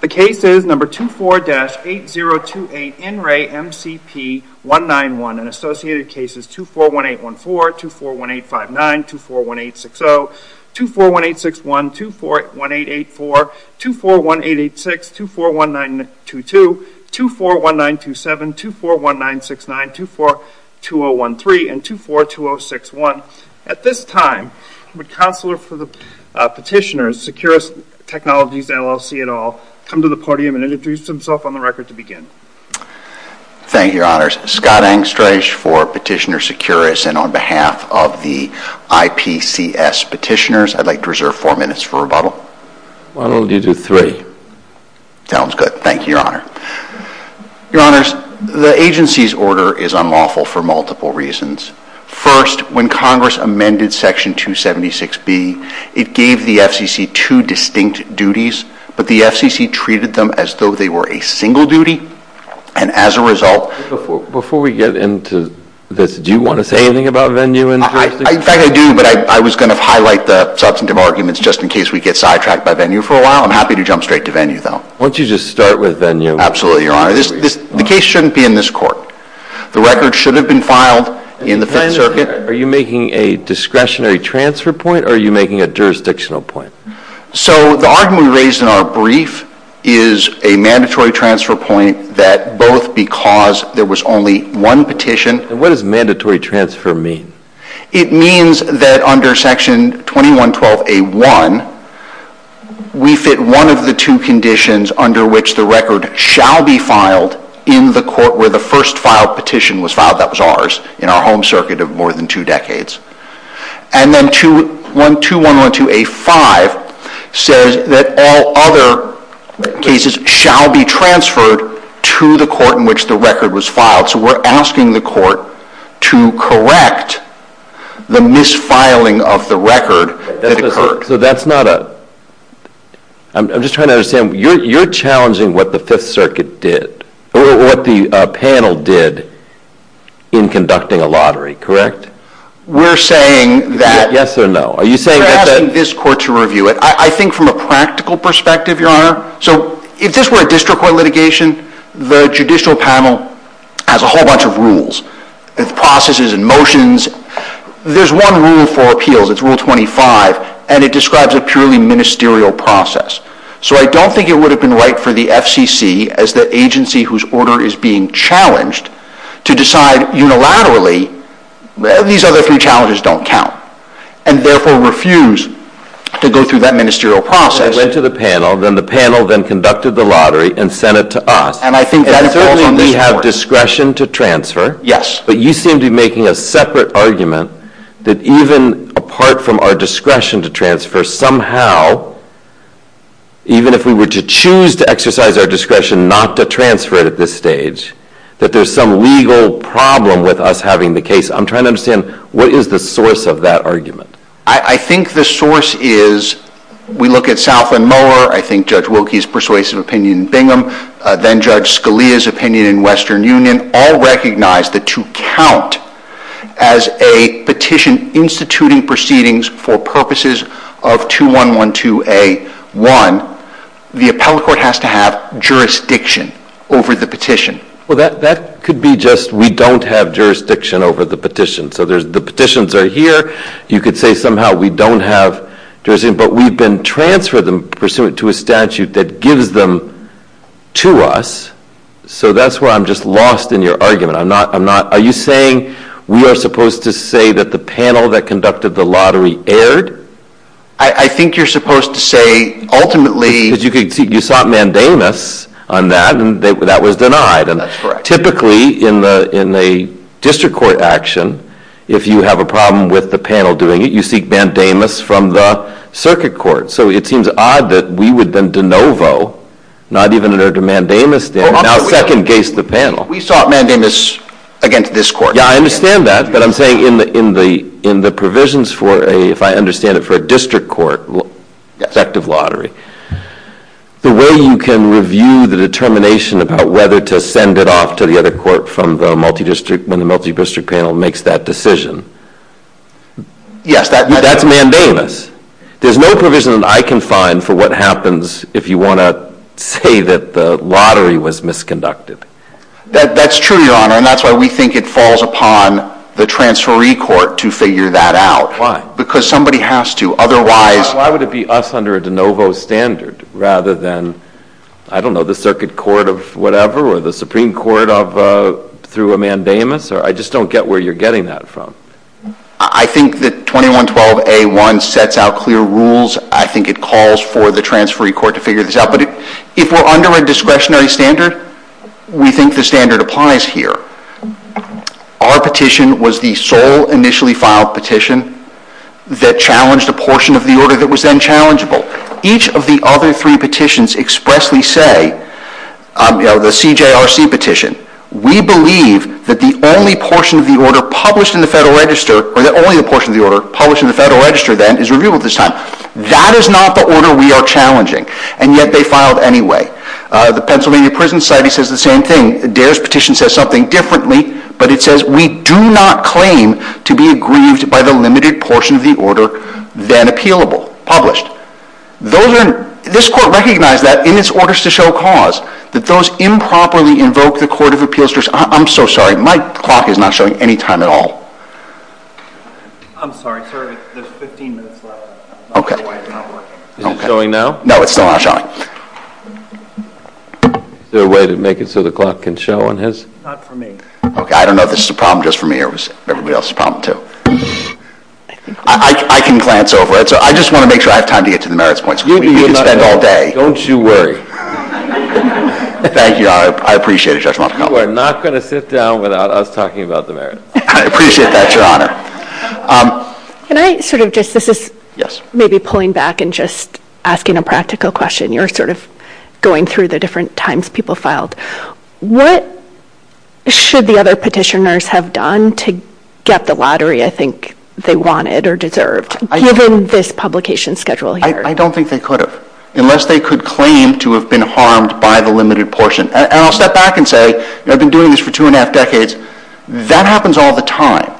The case is number 24-8028 in re MCP 191 and associated cases 241814, 241859, 241860, 241861, 241884, 241886, 241922, 241927, 241969, 242013, and 242061. At this time, would Counselor for the Petitioners, Securus Technologies, LLC, et al., come to the podium and introduce himself on the record to begin? Thank you, Your Honors. Scott Engstrich for Petitioner Securus, and on behalf of the IPCS Petitioners, I'd like to reserve four minutes for rebuttal. I will give you three. Sounds good. Thank you, Your Honor. Your Honors, the agency's order is unlawful for multiple reasons. First, when Congress amended Section 276B, it gave the FCC two distinct duties, but the FCC treated them as though they were a single duty, and as a result... Before we get into this, do you want to say anything about Venue and... In fact, I do, but I was going to highlight the substantive arguments just in case we get sidetracked by Venue for a while. I'm happy to jump straight to Venue, though. Why don't you just start with Venue? Absolutely, Your Honor. The case shouldn't be in this court. The record should have been filed in the Fifth Circuit. Are you making a discretionary transfer point, or are you making a jurisdictional point? So, the argument raised in our brief is a mandatory transfer point that both because there was only one petition... What does mandatory transfer mean? It means that under Section 2112A1, we fit one of the two conditions under which the record shall be filed in the court where the first filed petition was filed. That was ours, in our home circuit of more than two decades. And then 2112A5 says that all other cases shall be transferred to the court in which the record was filed. So, we're asking the court to correct the misfiling of the record that occurred. So, that's not a... I'm just trying to understand. You're challenging what the Fifth Circuit did, or what the panel did in conducting a lottery, correct? We're saying that... Yes or no? Are you saying that... I think from a practical perspective, Your Honor... So, if this were a district court litigation, the judicial panel has a whole bunch of rules and processes and motions. There's one rule for appeals, it's Rule 25, and it describes a purely ministerial process. So, I don't think it would have been right for the FCC, as the agency whose order is being challenged, to decide unilaterally... These other three challenges don't count. And, therefore, refuse to go through that ministerial process. It went to the panel, then the panel then conducted the lottery and sent it to us. And, I think that's what's on the record. And, certainly, we have discretion to transfer. Yes. But, you seem to be making a separate argument that even apart from our discretion to transfer, somehow, even if we were to choose to exercise our discretion not to transfer at this stage, that there's some legal problem with us having the case. I'm trying to understand, what is the source of that argument? I think the source is... We look at Southland Miller, I think Judge Wilkie's persuasive opinion in Bingham, then Judge Scalia's opinion in Western Union, all recognize that to count as a petition instituting proceedings for purposes of 2112A1, the appellate court has to have jurisdiction over the petition. Well, that could be just, we don't have jurisdiction over the petition. So, the petitions are here. You could say, somehow, we don't have jurisdiction. But, we've been transferring them pursuant to a statute that gives them to us. So, that's where I'm just lost in your argument. I'm not... Are you saying we are supposed to say that the panel that conducted the lottery erred? I think you're supposed to say, ultimately... Because you sought mandamus on that, and that was denied. That's correct. Typically, in the district court action, if you have a problem with the panel doing it, you seek mandamus from the circuit court. So, it seems odd that we would then de novo, not even under mandamus, now second-case the panel. We sought mandamus against this court. Yeah, I understand that. But, I'm saying, in the provisions for a, if I understand it, for a district court, effective lottery, the way you can review the determination about whether to send it off to the other court from the multi-district, when the multi-district panel makes that decision, that's mandamus. There's no provision that I can find for what happens if you want to say that the lottery was misconducted. That's true, Your Honor. And that's why we think it falls upon the transferee court to figure that out. Because somebody has to. Otherwise... Why would it be us under de novo standard, rather than, I don't know, the circuit court of whatever, or the Supreme Court of, through a mandamus? I just don't get where you're getting that from. I think that 2112A1 sets out clear rules. I think it calls for the transferee court to figure this out. If we're under a discretionary standard, we think the standard applies here. Our petition was the sole initially filed petition that challenged a portion of the order that was then challengeable. Each of the other three petitions expressly say, you know, the CJRC petition, we believe that the only portion of the order published in the Federal Register, or the only portion of the order published in the Federal Register, then, is reviewable at this time. That is not the order we are challenging. And yet, they filed anyway. The Pennsylvania Prison Society says the same thing. The Daris petition says something differently. But it says, we do not claim to be aggrieved by the limited portion of the order then appealable. Published. Those are... This court recognized that in its orders to show cause. That those improperly invoked the Court of Appeals... I'm so sorry. My clock is not showing any time at all. I'm sorry, sir. There's 15 minutes left. Okay. Is it showing now? No, it's still not showing. Is there a way to make it so the clock can show on his... Not for me. Okay. I don't know if this is a problem just for me or if it's everybody else's problem too. I can glance over it. I just want to make sure I have time to get to the merits points. We could spend all day. Don't you worry. Thank you, Your Honor. I appreciate it, Judge Moffitt. We're not going to sit down without us talking about the merits. I appreciate that, Your Honor. Can I sort of just... Yes. Maybe pulling back and just asking a practical question. You're sort of going through the different times people filed. What should the other petitioners have done to get the lottery I think they wanted or deserved? Given this publication schedule here. I don't think they could have. Unless they could claim to have been harmed by the limited portion. And I'll step back and say, they've been doing this for two and a half decades. That happens all the time.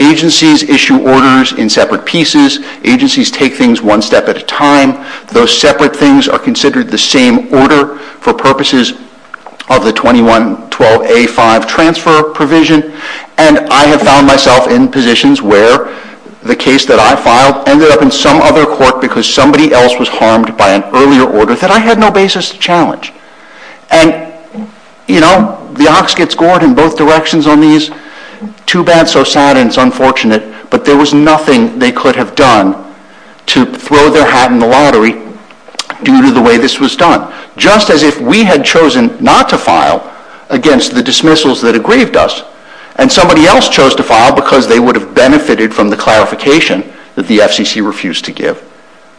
Agencies issue orders in separate pieces. Agencies take things one step at a time. Those separate things are considered the same order for purposes of the 21-12A-5 transfer provision. And I have found myself in positions where the case that I filed ended up in some other court because somebody else was harmed by an earlier order that I had no basis to challenge. And, you know, the ox gets gored in both directions on these. Too bad, so sad, and it's unfortunate. But there was nothing they could have done to throw their hat in the lottery due to the way this was done. Just as if we had chosen not to file against the dismissals that had grieved us and somebody else chose to file because they would have benefited from the clarification that the FCC refused to give,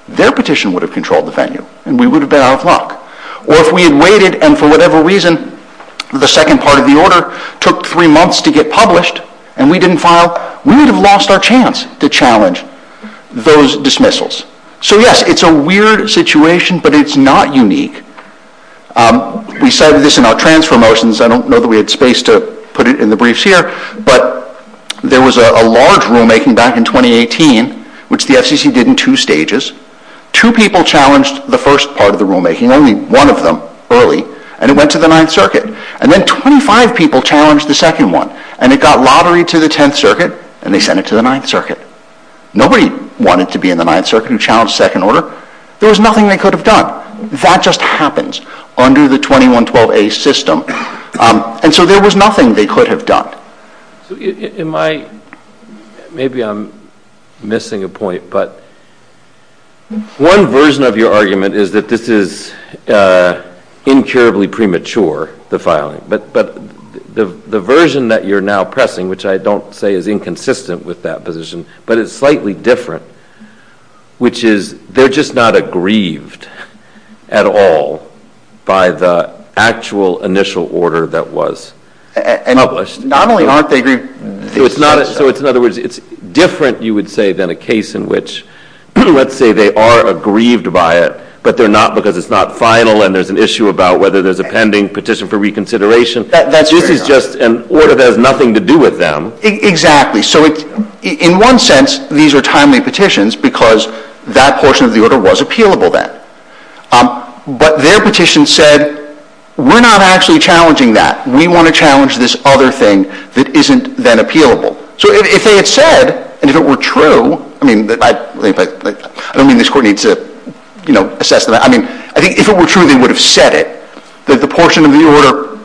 their petition would have controlled the venue and we would have been out of luck. Or if we had waited and for whatever reason the second part of the order took three months to get published and we didn't file, we would have lost our chance to challenge those dismissals. So, yes, it's a weird situation, but it's not unique. We cited this in our transfer motions. I don't know that we had space to put it in the briefs here. But there was a large rulemaking back in 2018, which the FCC did in two stages. Two people challenged the first part of the rulemaking, only one of them early, and it went to the Ninth Circuit. And then 25 people challenged the second one, and it got lotteryed to the Tenth Circuit, and they sent it to the Ninth Circuit. Nobody wanted to be in the Ninth Circuit and challenge the second order. There was nothing they could have done. That just happens under the 2112A system. And so there was nothing they could have done. Maybe I'm missing a point, but one version of your argument is that this is incurably premature, the filing. But the version that you're now pressing, which I don't say is inconsistent with that position, but it's slightly different, which is they're just not aggrieved at all by the actual initial order that was published. So in other words, it's different, you would say, than a case in which, let's say they are aggrieved by it, but they're not because it's not final and there's an issue about whether there's a pending petition for reconsideration. This is just an order that has nothing to do with them. Exactly. So in one sense, these are timely petitions because that portion of the order was appealable then. But their petition said, we're not actually challenging that. We want to challenge this other thing that isn't then appealable. So if they had said, and if it were true, I mean, I don't mean this court needs to, you know, assess that. I mean, I think if it were true, they would have said it, that the portion of the order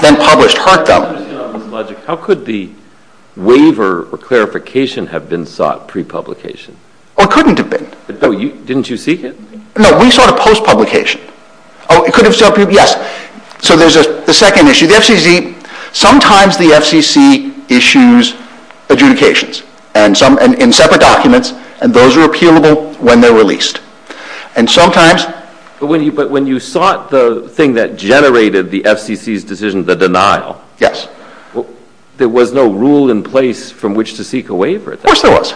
then published hurt them. How could the waiver or clarification have been sought pre-publication? Oh, it couldn't have been. Didn't you seek it? No, we sought it post-publication. Oh, it couldn't have sought pre-publication. So there's a second issue. Sometimes the FCC issues adjudications in separate documents, and those are appealable when they're released. But when you sought the thing that generated the FCC's decision, the denial, there was no rule in place from which to seek a waiver? Of course there was.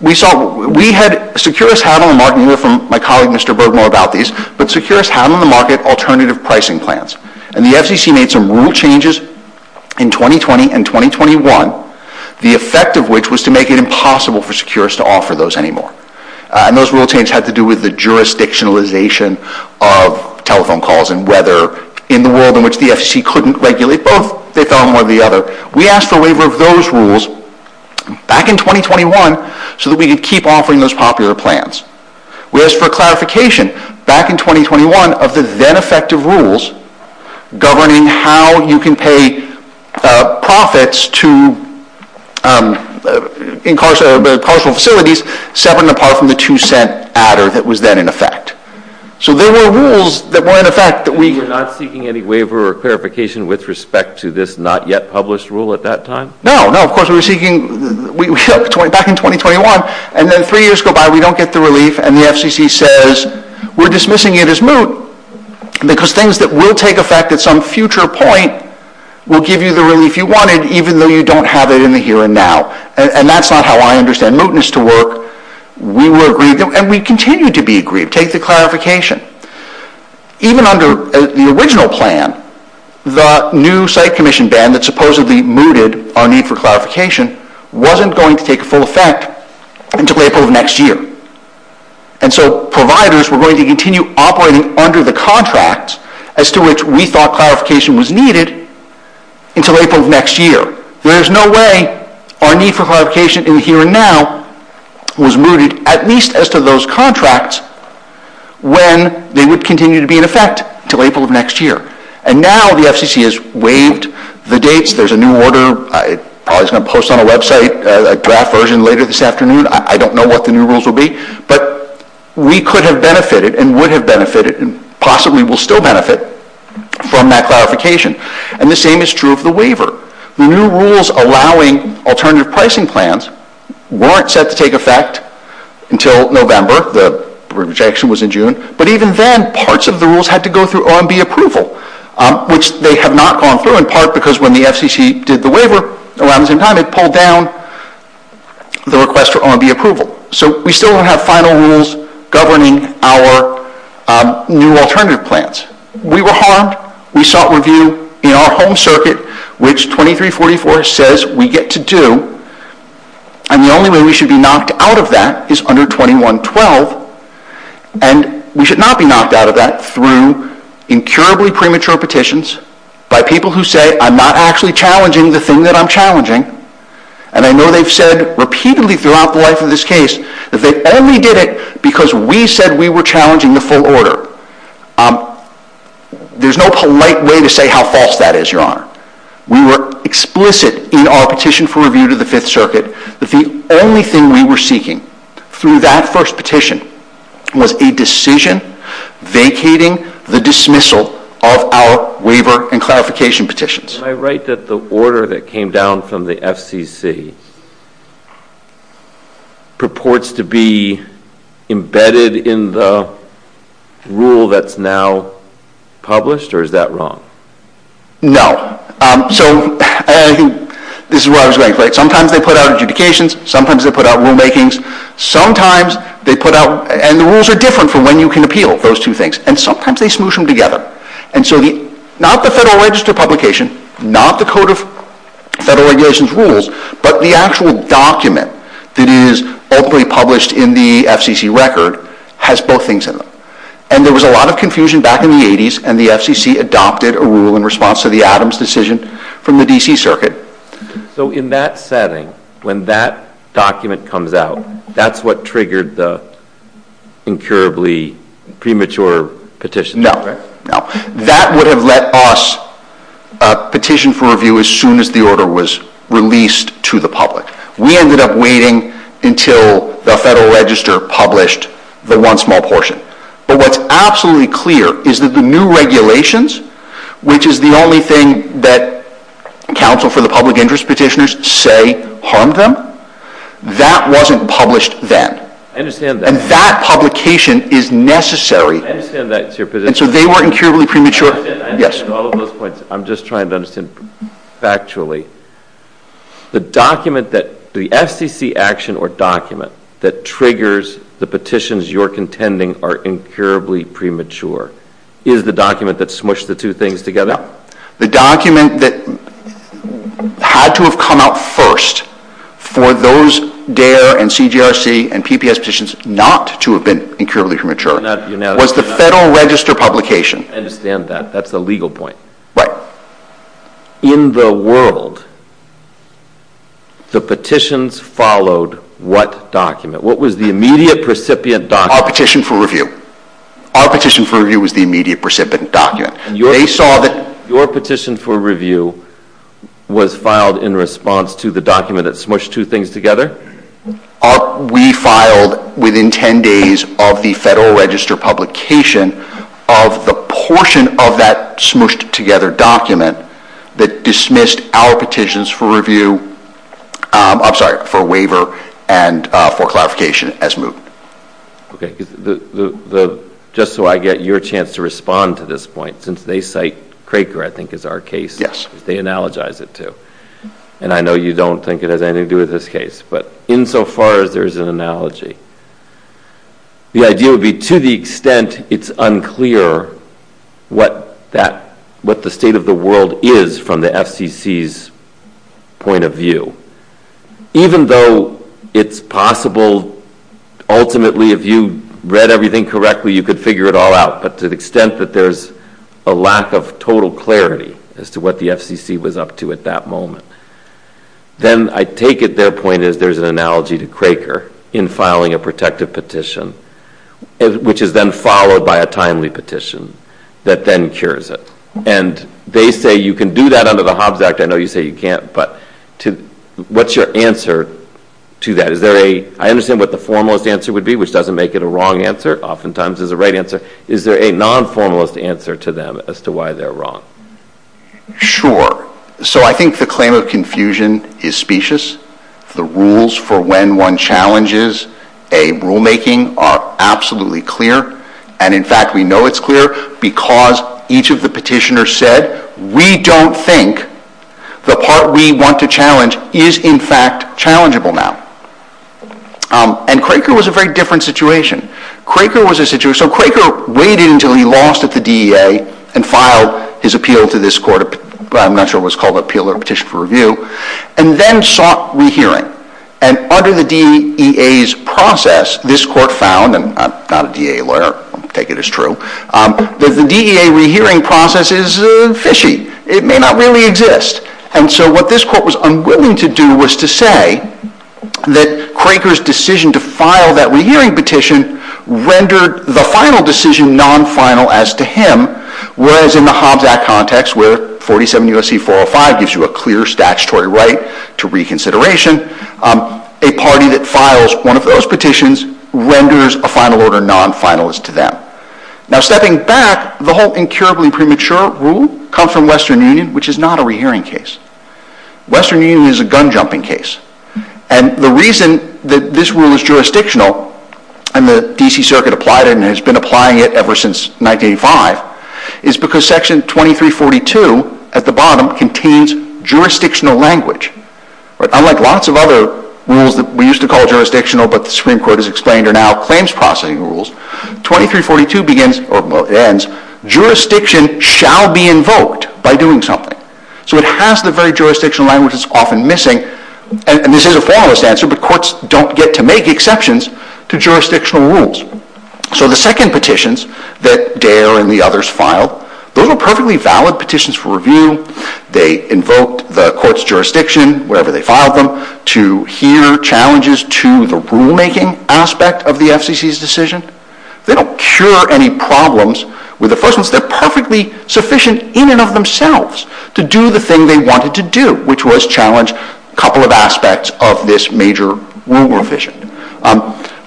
We sought, we had, Securus had on the market, and my colleague, Mr. Berg, knew about these, but Securus had on the market alternative pricing plans. And the FCC made some rule changes in 2020 and 2021, the effect of which was to make it impossible for Securus to offer those anymore. And those rule changes had to do with the jurisdictionalization of telephone calls and weather in the world in which the FCC couldn't regulate both. They found one or the other. We asked for a waiver of those rules back in 2021 so that we could keep offering those popular plans. We asked for clarification back in 2021 of the then-effective rules governing how you can pay profits to incarceration facilities, separate and apart from the two-cent adder that was then in effect. So there were rules that were in effect that we— No, no, of course we were seeking, we shook back in 2021, and then three years go by, we don't get the relief, and the FCC says, we're dismissing it as moot because things that will take effect at some future point will give you the relief you wanted even though you don't have it in the here and now. And that's not how I understand mootness to work. We were agreed, and we continue to be agreed. Take the clarification. Even under the original plan, the new site commission ban that supposedly mooted our need for clarification wasn't going to take full effect until April of next year. And so providers were going to continue operating under the contracts as to which we thought clarification was needed until April of next year. There is no way our need for clarification in the here and now was mooted, at least as to those contracts, when they would continue to be in effect until April of next year. And now the FCC has waived the dates. There's a new order. I'm probably going to post on a website a draft version later this afternoon. I don't know what the new rules will be. But we could have benefited and would have benefited and possibly will still benefit from that clarification. And the same is true of the waiver. The new rules allowing alternative pricing plans weren't set to take effect until November. The rejection was in June. But even then, parts of the rules had to go through OMB approval, which they have not gone through, in part because when the FCC did the waiver around the same time, it pulled down the request for OMB approval. So we still don't have final rules governing our new alternative plans. We were harmed. We sought review in our home circuit, which 2344 says we get to do. And the only way we should be knocked out of that is under 2112. And we should not be knocked out of that through incurably premature petitions by people who say I'm not actually challenging the thing that I'm challenging. And I know they've said repeatedly throughout the life of this case that they only did it because we said we were challenging the full order. There's no polite way to say how false that is, Your Honor. We were explicit in our petition for review to the Fifth Circuit that the only thing we were seeking through that first petition was a decision vacating the dismissal of our waiver and clarification petitions. Am I right that the order that came down from the FCC purports to be embedded in the rule that's now published, or is that wrong? No. So this is what I was going to say. Sometimes they put out adjudications. Sometimes they put out rulemakings. Sometimes they put out... And the rules are different for when you can appeal, those two things. And sometimes they smoosh them together. Not the Federal Register publication, not the Code of Federal Regulations rules, but the actual document that is openly published in the FCC record has both things in them. And there was a lot of confusion back in the 80s, and the FCC adopted a rule in response to the Adams decision from the D.C. Circuit. So in that setting, when that document comes out, that's what triggered the incurably premature petition? No. That would have let us petition for review as soon as the order was released to the public. We ended up waiting until the Federal Register published the one small portion. But what's absolutely clear is that the new regulations, which is the only thing that counsel for the public interest petitioners say harmed them, that wasn't published then. I understand that. And that publication is necessary. I understand that too. And so they were incurably premature? I'm just trying to understand factually. The FCC action or document that triggers the petitions you're contending are incurably premature is the document that smooshed the two things together? No. The document that had to have come out first for those DARE and CJRC and PPS petitions not to have been incurably premature was the Federal Register publication. I understand that. That's a legal point. Right. In the world, the petitions followed what document? What was the immediate recipient document? Our petition for review. Our petition for review was the immediate recipient document. Your petition for review was filed in response to the document that smooshed two things together? We filed within 10 days of the Federal Register publication of the portion of that smooshed together document that dismissed our petitions for waiver and for clarification as moved. Just so I get your chance to respond to this point, since they cite Craker, I think is our case. Yes. They analogize it too. And I know you don't think it has anything to do with this case, but insofar as there's an analogy, the idea would be to the extent it's unclear what the state of the world is from the FCC's point of view. Even though it's possible, ultimately, if you read everything correctly, you could figure it all out, but to the extent that there's a lack of total clarity as to what the FCC was up to at that moment, then I take it their point is there's an analogy to Craker in filing a protective petition, which is then followed by a timely petition that then cures it. And they say you can do that under the Hobbs Act. I know you say you can't, but what's your answer to that? I understand what the formalist answer would be, which doesn't make it a wrong answer. Oftentimes, it's the right answer. Is there a non-formalist answer to them as to why they're wrong? Sure. So I think the claim of confusion is specious. The rules for when one challenges a rulemaking are absolutely clear, and in fact, we know it's clear because each of the petitioners said we don't think the part we want to challenge is in fact challengeable now. And Craker was a very different situation. Craker waited until he lost at the DEA and filed his appeal to this court. I'm not sure what it was called, appeal or petition for review, and then sought rehearing. And under the DEA's process, this court found, and I'm not a DEA lawyer, I'll take it as true, that the DEA rehearing process is fishy. It may not really exist. And so what this court was unwilling to do was to say that Craker's decision to file that rehearing petition rendered the final decision non-final as to him, whereas in the Hobbs Act context where 47 U.S.C. 405 gives you a clear statutory right to reconsideration, a party that files one of those petitions renders a final order non-final as to them. Now stepping back, the whole incurable and premature rule comes from Western Union, which is not a rehearing case. Western Union is a gun-jumping case. And the reason that this rule is jurisdictional and the D.C. Circuit applied it and has been applying it ever since 1985 is because Section 2342 at the bottom contains jurisdictional language. Unlike lots of other rules that we used to call jurisdictional but the Supreme Court has explained are now claims processing rules, 2342 begins, or ends, jurisdiction shall be invoked by doing something. So it has the very jurisdictional language that's often missing. And this is a formless answer, but courts don't get to make exceptions to jurisdictional rules. So the second petitions that Dayler and the others filed, they were perfectly valid petitions for review. They invoked the court's jurisdiction, wherever they filed them, to hear challenges to the rulemaking aspect of the FCC's decision. They don't cure any problems with the first ones. They're perfectly sufficient in and of themselves to do the thing they wanted to do, which was challenge a couple of aspects of this major rule revision.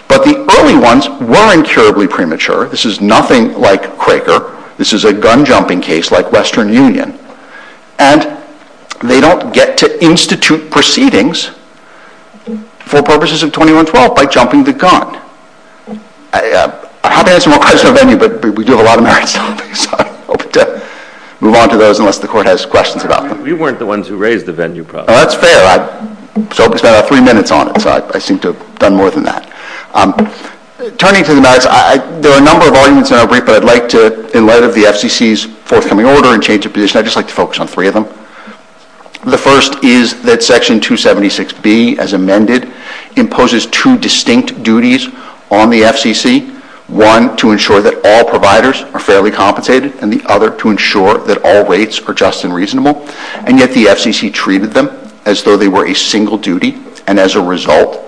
But the early ones were incurably premature. This is nothing like Craker. This is a gun-jumping case like Western Union. And they don't get to institute proceedings for purposes of 2112 by jumping the gun. I haven't answered what caused the venue, but we do have a lot of merits topics. I hope to move on to those unless the court has questions about them. You weren't the ones who raised the venue problem. That's fair. I spent about three minutes on it. I seem to have done more than that. Turning to the matters, there are a number of arguments in our brief, but I'd like to, in light of the FCC's forthcoming order and change of position, I'd just like to focus on three of them. The first is that Section 276B, as amended, imposes two distinct duties on the FCC, one to ensure that all providers are fairly compensated and the other to ensure that all rates are just and reasonable. And yet the FCC treated them as though they were a single duty and as a result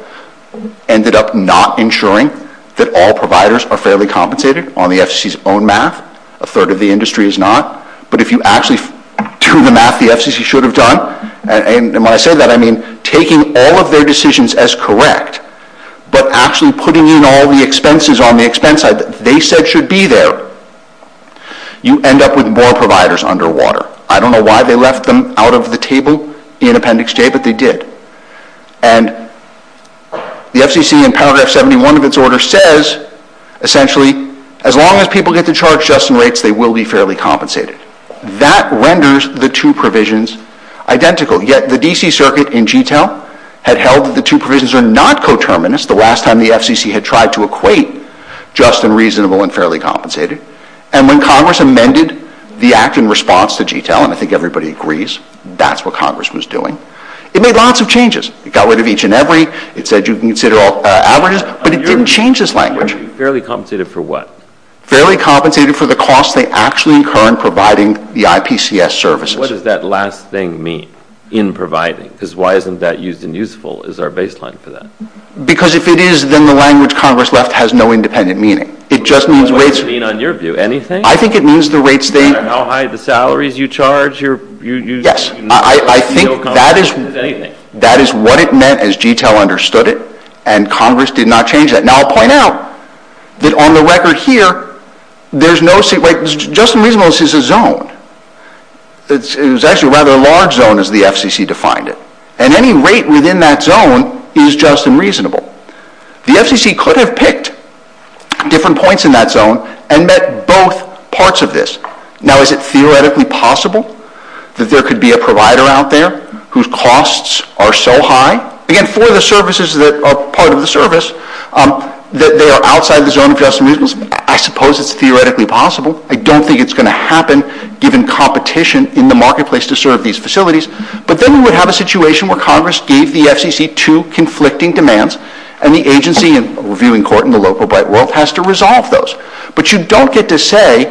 ended up not ensuring that all providers are fairly compensated on the FCC's own math. A third of the industry is not. But if you actually do the math the FCC should have done, and when I say that I mean taking all of their decisions as correct but actually putting in all the expenses on the expense they said should be there, you end up with more providers underwater. I don't know why they left them out of the table in Appendix J, but they did. And the FCC in Paragraph 71 of its order says, essentially, as long as people get to charge just rates they will be fairly compensated. That renders the two provisions identical. Yet the D.C. Circuit in G-Town had held that the two provisions are not coterminous the last time the FCC had tried to equate just and reasonable and fairly compensated. And when Congress amended the Act in response to G-Town, and I think everybody agrees that's what Congress was doing, it made lots of changes. It got rid of each and every. It said you can consider all averages. But it didn't change this language. Fairly compensated for what? Fairly compensated for the cost they actually incur in providing the IPCS services. What does that last thing mean, in providing? Because why isn't that used in youthful? Is there a baseline for that? Because if it is, then the language Congress left has no independent meaning. It just means rates. What does it mean on your view? Anything? I think it means the rates. How high are the salaries you charge? Yes. I think that is what it meant as G-Town understood it, and Congress did not change that. Now I'll point out that on the record here, just and reasonable is a zone. It was actually a rather large zone as the FCC defined it. And any rate within that zone is just and reasonable. The FCC could have picked different points in that zone and met both parts of this. Now is it theoretically possible that there could be a provider out there whose costs are so high? Again, for the services that are part of the service, that they are outside the zone of just and reasonable, I suppose it's theoretically possible. I don't think it's going to happen given competition in the marketplace to serve these facilities. But then we would have a situation where Congress gave the FCC two conflicting demands, and the agency, and we're viewing court in the local but world, has to resolve those. But you don't get to say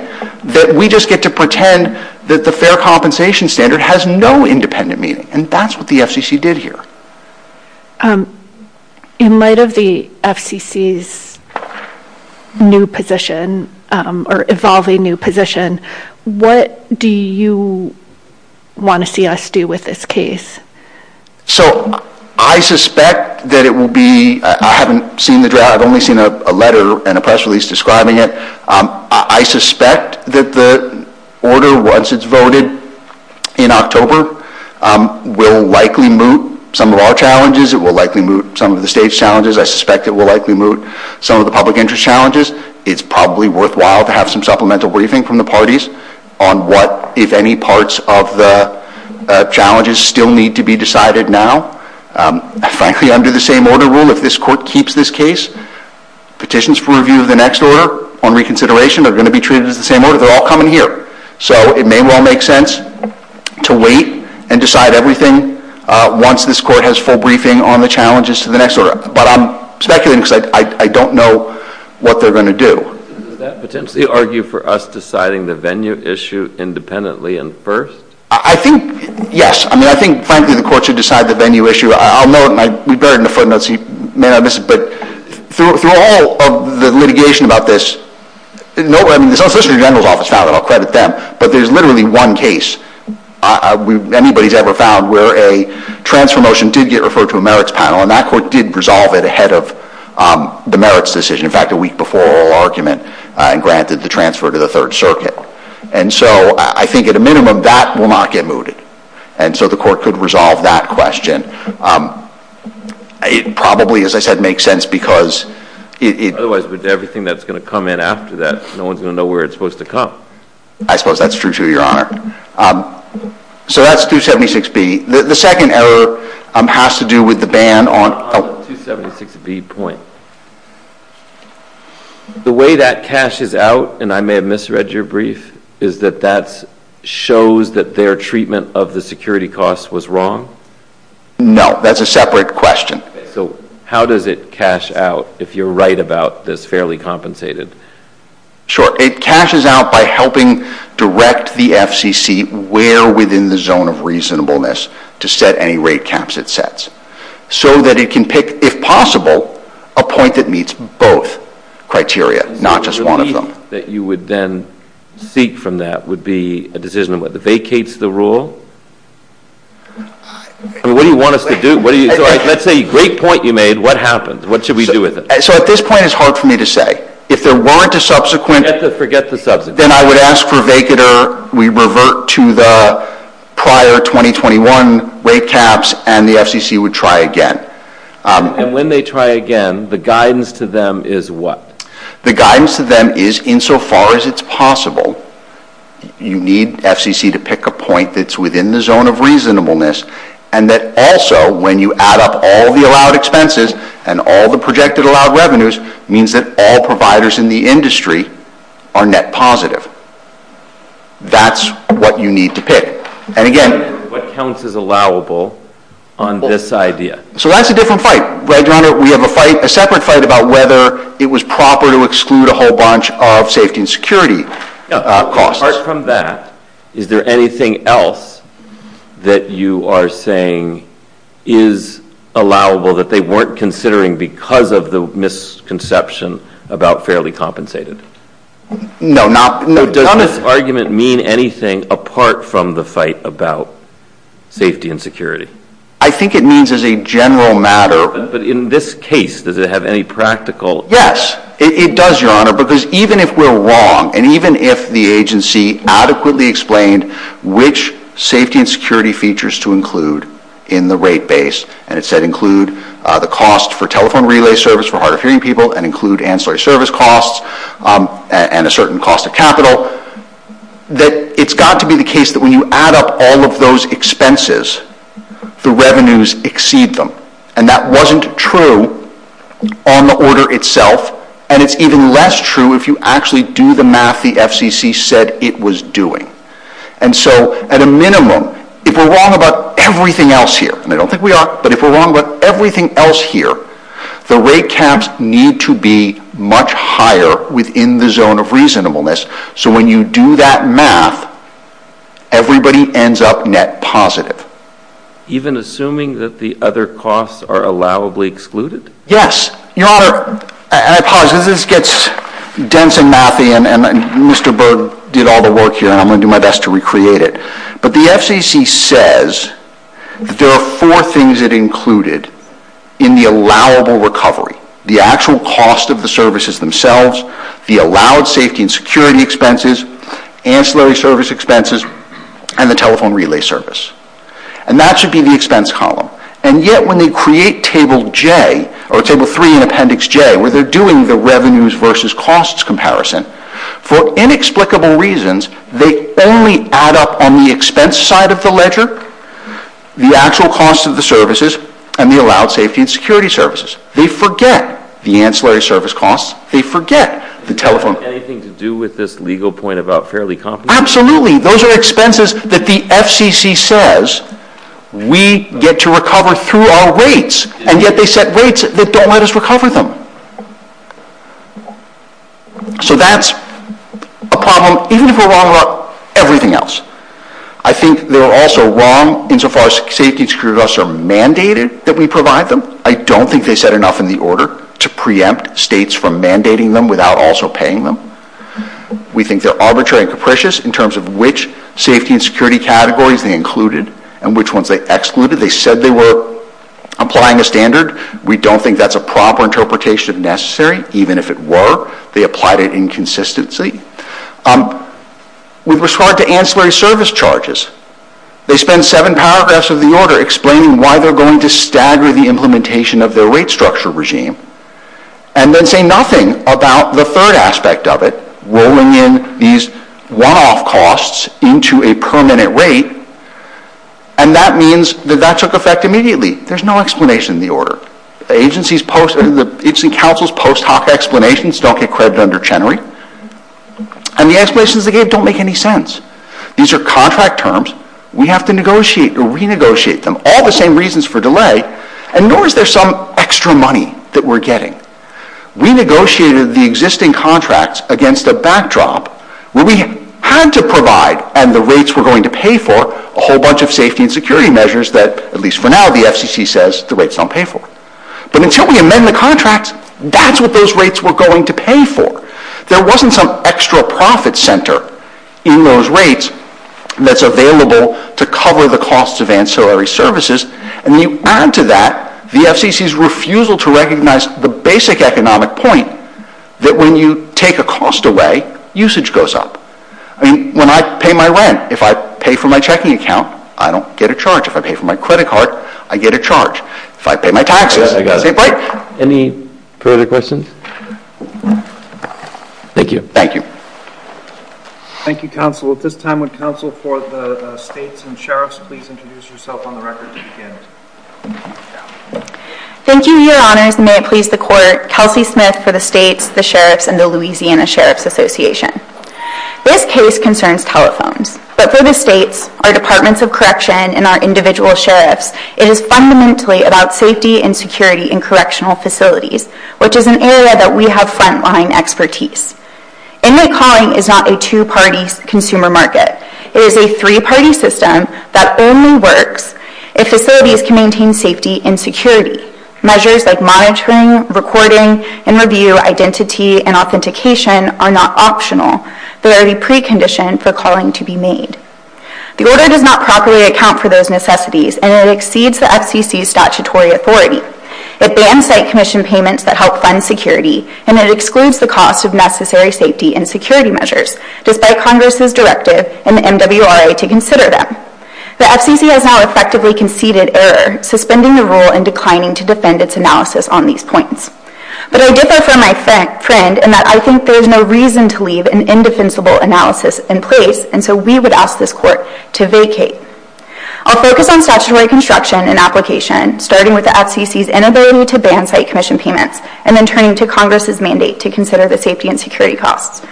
that we just get to pretend that the fair compensation standard has no independent meaning, and that's what the FCC did here. In light of the FCC's new position or evolving new position, what do you want to see us do with this case? So I suspect that it will be – I haven't seen the draft. I've only seen a letter and a press release describing it. I suspect that the order, once it's voted in October, will likely moot some of our challenges. It will likely moot some of the state's challenges. I suspect it will likely moot some of the public interest challenges. It's probably worthwhile to have some supplemental briefing from the parties on what, if any, parts of the challenges still need to be decided now. Frankly, under the same order rule, if this court keeps this case, petitions for review of the next order on reconsideration are going to be treated in the same order. They're all coming here. So it may well make sense to wait and decide everything once this court has full briefing on the challenges to the next order. But I'm speculating because I don't know what they're going to do. Would that potentially argue for us deciding the venue issue independently and first? I think, yes. I mean, I think, frankly, the court should decide the venue issue. I'll note – we've got it in the footnotes. You may have missed it. But through all of the litigation about this, I mean, it's not specific to the general's office. I'll credit them. But there's literally one case anybody's ever found where a transfer motion did get referred to a merits panel, and that court did resolve it ahead of the merits decision. In fact, a week before oral argument and granted the transfer to the Third Circuit. And so I think at a minimum that will not get mooted. And so the court could resolve that question. It probably, as I said, makes sense because it – Otherwise, with everything that's going to come in after that, no one's going to know where it's supposed to come. I suppose that's true, too, Your Honor. So that's 276B. The second error has to do with the ban on – 276B. The way that cashes out – and I may have misread your brief – is that that shows that their treatment of the security costs was wrong? No. That's a separate question. So how does it cash out, if you're right about this, fairly compensated? Sure. It cashes out by helping direct the FCC where within the zone of reasonableness to set any rate caps it sets so that it can pick, if possible, a point that meets both criteria, not just one of them. The reason that you would then seek from that would be a decision about vacates the rule? I mean, what do you want us to do? That's a great point you made. What happens? What should we do with it? So at this point, it's hard for me to say. If there weren't a subsequent – Just forget the subsequent. Then I would ask for a vacater. We revert to the prior 2021 rate caps and the FCC would try again. And when they try again, the guidance to them is what? The guidance to them is, insofar as it's possible, you need FCC to pick a point that's within the zone of reasonableness and that also, when you add up all the allowed expenses and all the projected allowed revenues, means that all providers in the industry are net positive. That's what you need to pick. And again, what counts as allowable on this idea? So that's a different fight, right, John? We have a separate fight about whether it was proper to exclude a whole bunch of safety and security costs. Apart from that, is there anything else that you are saying is allowable that they weren't considering because of the misconception about fairly compensated? No. Does this argument mean anything apart from the fight about safety and security? I think it means as a general matter – But in this case, does it have any practical – Yes, it does, Your Honor, because even if we're wrong and even if the agency adequately explained which safety and security features to include in the rate base, and it said include the cost for telephone relay service for hard of hearing people and include ancillary service costs and a certain cost of capital, that it's got to be the case that when you add up all of those expenses, the revenues exceed them. And that wasn't true on the order itself, and it's even less true if you actually do the math the FCC said it was doing. And so, at a minimum, if we're wrong about everything else here, and I don't think we are, but if we're wrong about everything else here, the rate caps need to be much higher within the zone of reasonableness. So when you do that math, everybody ends up net positive. Even assuming that the other costs are allowably excluded? Yes, Your Honor. I apologize, this gets dense in mapping, and Mr. Berg did all the work here, and I'm going to do my best to recreate it. But the FCC says there are four things it included in the allowable recovery, the actual cost of the services themselves, the allowed safety and security expenses, ancillary service expenses, and the telephone relay service. And that should be the expense column. And yet, when you create Table 3 in Appendix J, where they're doing the revenues versus costs comparison, for inexplicable reasons, they only add up on the expense side of the ledger the actual cost of the services and the allowed safety and security services. They forget the ancillary service costs, they forget the telephone. Anything to do with this legal point about fairly complicated? Absolutely, those are expenses that the FCC says we get to recover through our rates, and yet they set rates that don't let us recover them. So that's a problem, even if we're wrong about everything else. I think they're also wrong insofar as safety and security costs are mandated that we provide them. I don't think they set enough in the order to preempt states from mandating them without also paying them. We think they're arbitrary and capricious in terms of which safety and security categories they included and which ones they excluded. They said they were applying the standard. We don't think that's a proper interpretation of necessary, even if it were. They applied it inconsistently. We've responded to ancillary service charges. They spend seven paragraphs of the order explaining why they're going to stagger the implementation of their rate structure regime, and then say nothing about the third aspect of it, rolling in these raw costs into a permanent rate, and that means that that took effect immediately. There's no explanation in the order. It's in counsel's post hoc explanations, don't get cred under Chenery, and the explanations they gave don't make any sense. These are contract terms. We have to negotiate or renegotiate them, all the same reasons for delay, and nor is there some extra money that we're getting. We negotiated the existing contracts against a backdrop where we had to provide and the rates were going to pay for a whole bunch of safety and security measures that, at least for now, the FCC says the rates don't pay for. But until we amend the contracts, that's what those rates were going to pay for. There wasn't some extra profit center in those rates that's available to cover the costs of ancillary services. And you add to that the FCC's refusal to recognize the basic economic point that when you take a cost away, usage goes up. I mean, when I pay my rent, if I pay for my checking account, I don't get a charge. If I pay for my credit card, I get a charge. If I pay my taxes, I get a break. Any further questions? Thank you. Thank you, counsel. At this time, would counsel for the states and sheriffs please introduce yourself on the record as you begin. Thank you, Your Honors, and may it please the Court, Kelsey Smith for the states, the sheriffs, and the Louisiana Sheriffs Association. This case concerns telephones. But for the states, our departments of correction, and our individual sheriffs, it is fundamentally about safety and security in correctional facilities, which is an area that we have front-line expertise. Inmate calling is not a two-party consumer market. It is a three-party system that only works if facilities can maintain safety and security. Measures like monitoring, recording, and review, identity, and authentication are not optional. They are the precondition for calling to be made. The order does not properly account for those necessities, and it exceeds the FCC's statutory authority. It bans site commission payments that help fund security, and it excludes the cost of necessary safety and security measures, despite Congress's directive in the MWRA to consider them. The FCC has now effectively conceded error, suspending the rule and declining to defend its analysis on these points. But I differ from my friend in that I think there is no reason to leave an indefensible analysis in place until we would ask this Court to vacate. I'll focus on statutory construction and application, starting with the FCC's inability to ban site commission payments, and then turning to Congress's mandate to consider the safety and security costs.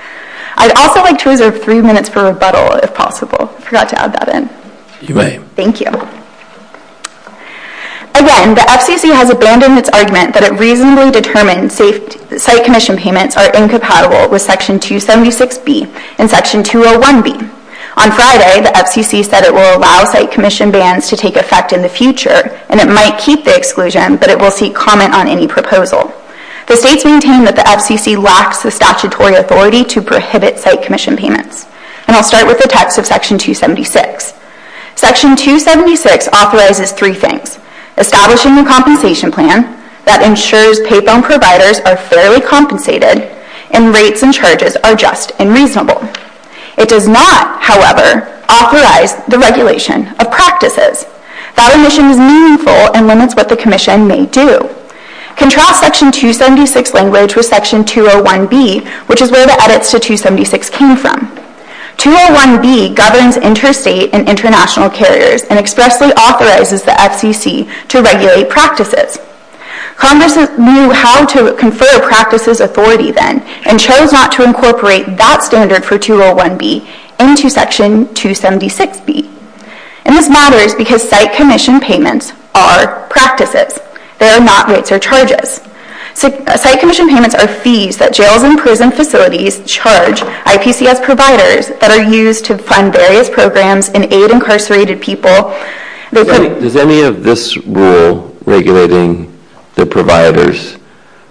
I'd also like to reserve three minutes for rebuttal, if possible. I forgot to add that in. You may. Thank you. Again, the FCC has abandoned its argument that it reasonably determines site commission payments are incompatible with Section 276B and Section 201B. On Friday, the FCC said it will allow site commission bans to take effect in the future, and it might keep the exclusion, but it will seek comment on any proposals. The state maintained that the FCC lacks the statutory authority to prohibit site commission payments, and I'll start with the text of Section 276. Section 276 authorizes three things, establishing a compensation plan that ensures payphone providers are fairly compensated and rates and charges are just and reasonable. It does not, however, authorize the regulation of practices. That remission is meaningful and limits what the commission may do. Contract Section 276 language was Section 201B, which is where the edits to 276 came from. 201B governs interstate and international carriers and expressly authorizes the FCC to regulate practices. Congress knew how to confer practices authority then and chose not to incorporate that standard for 201B into Section 276B. And this matters because site commission payments are practices. They are not rates or charges. Site commission payments are fees that jails and prison facilities charge IPCF providers that are used to fund various programs and aid incarcerated people. Does any of this rule regulating the providers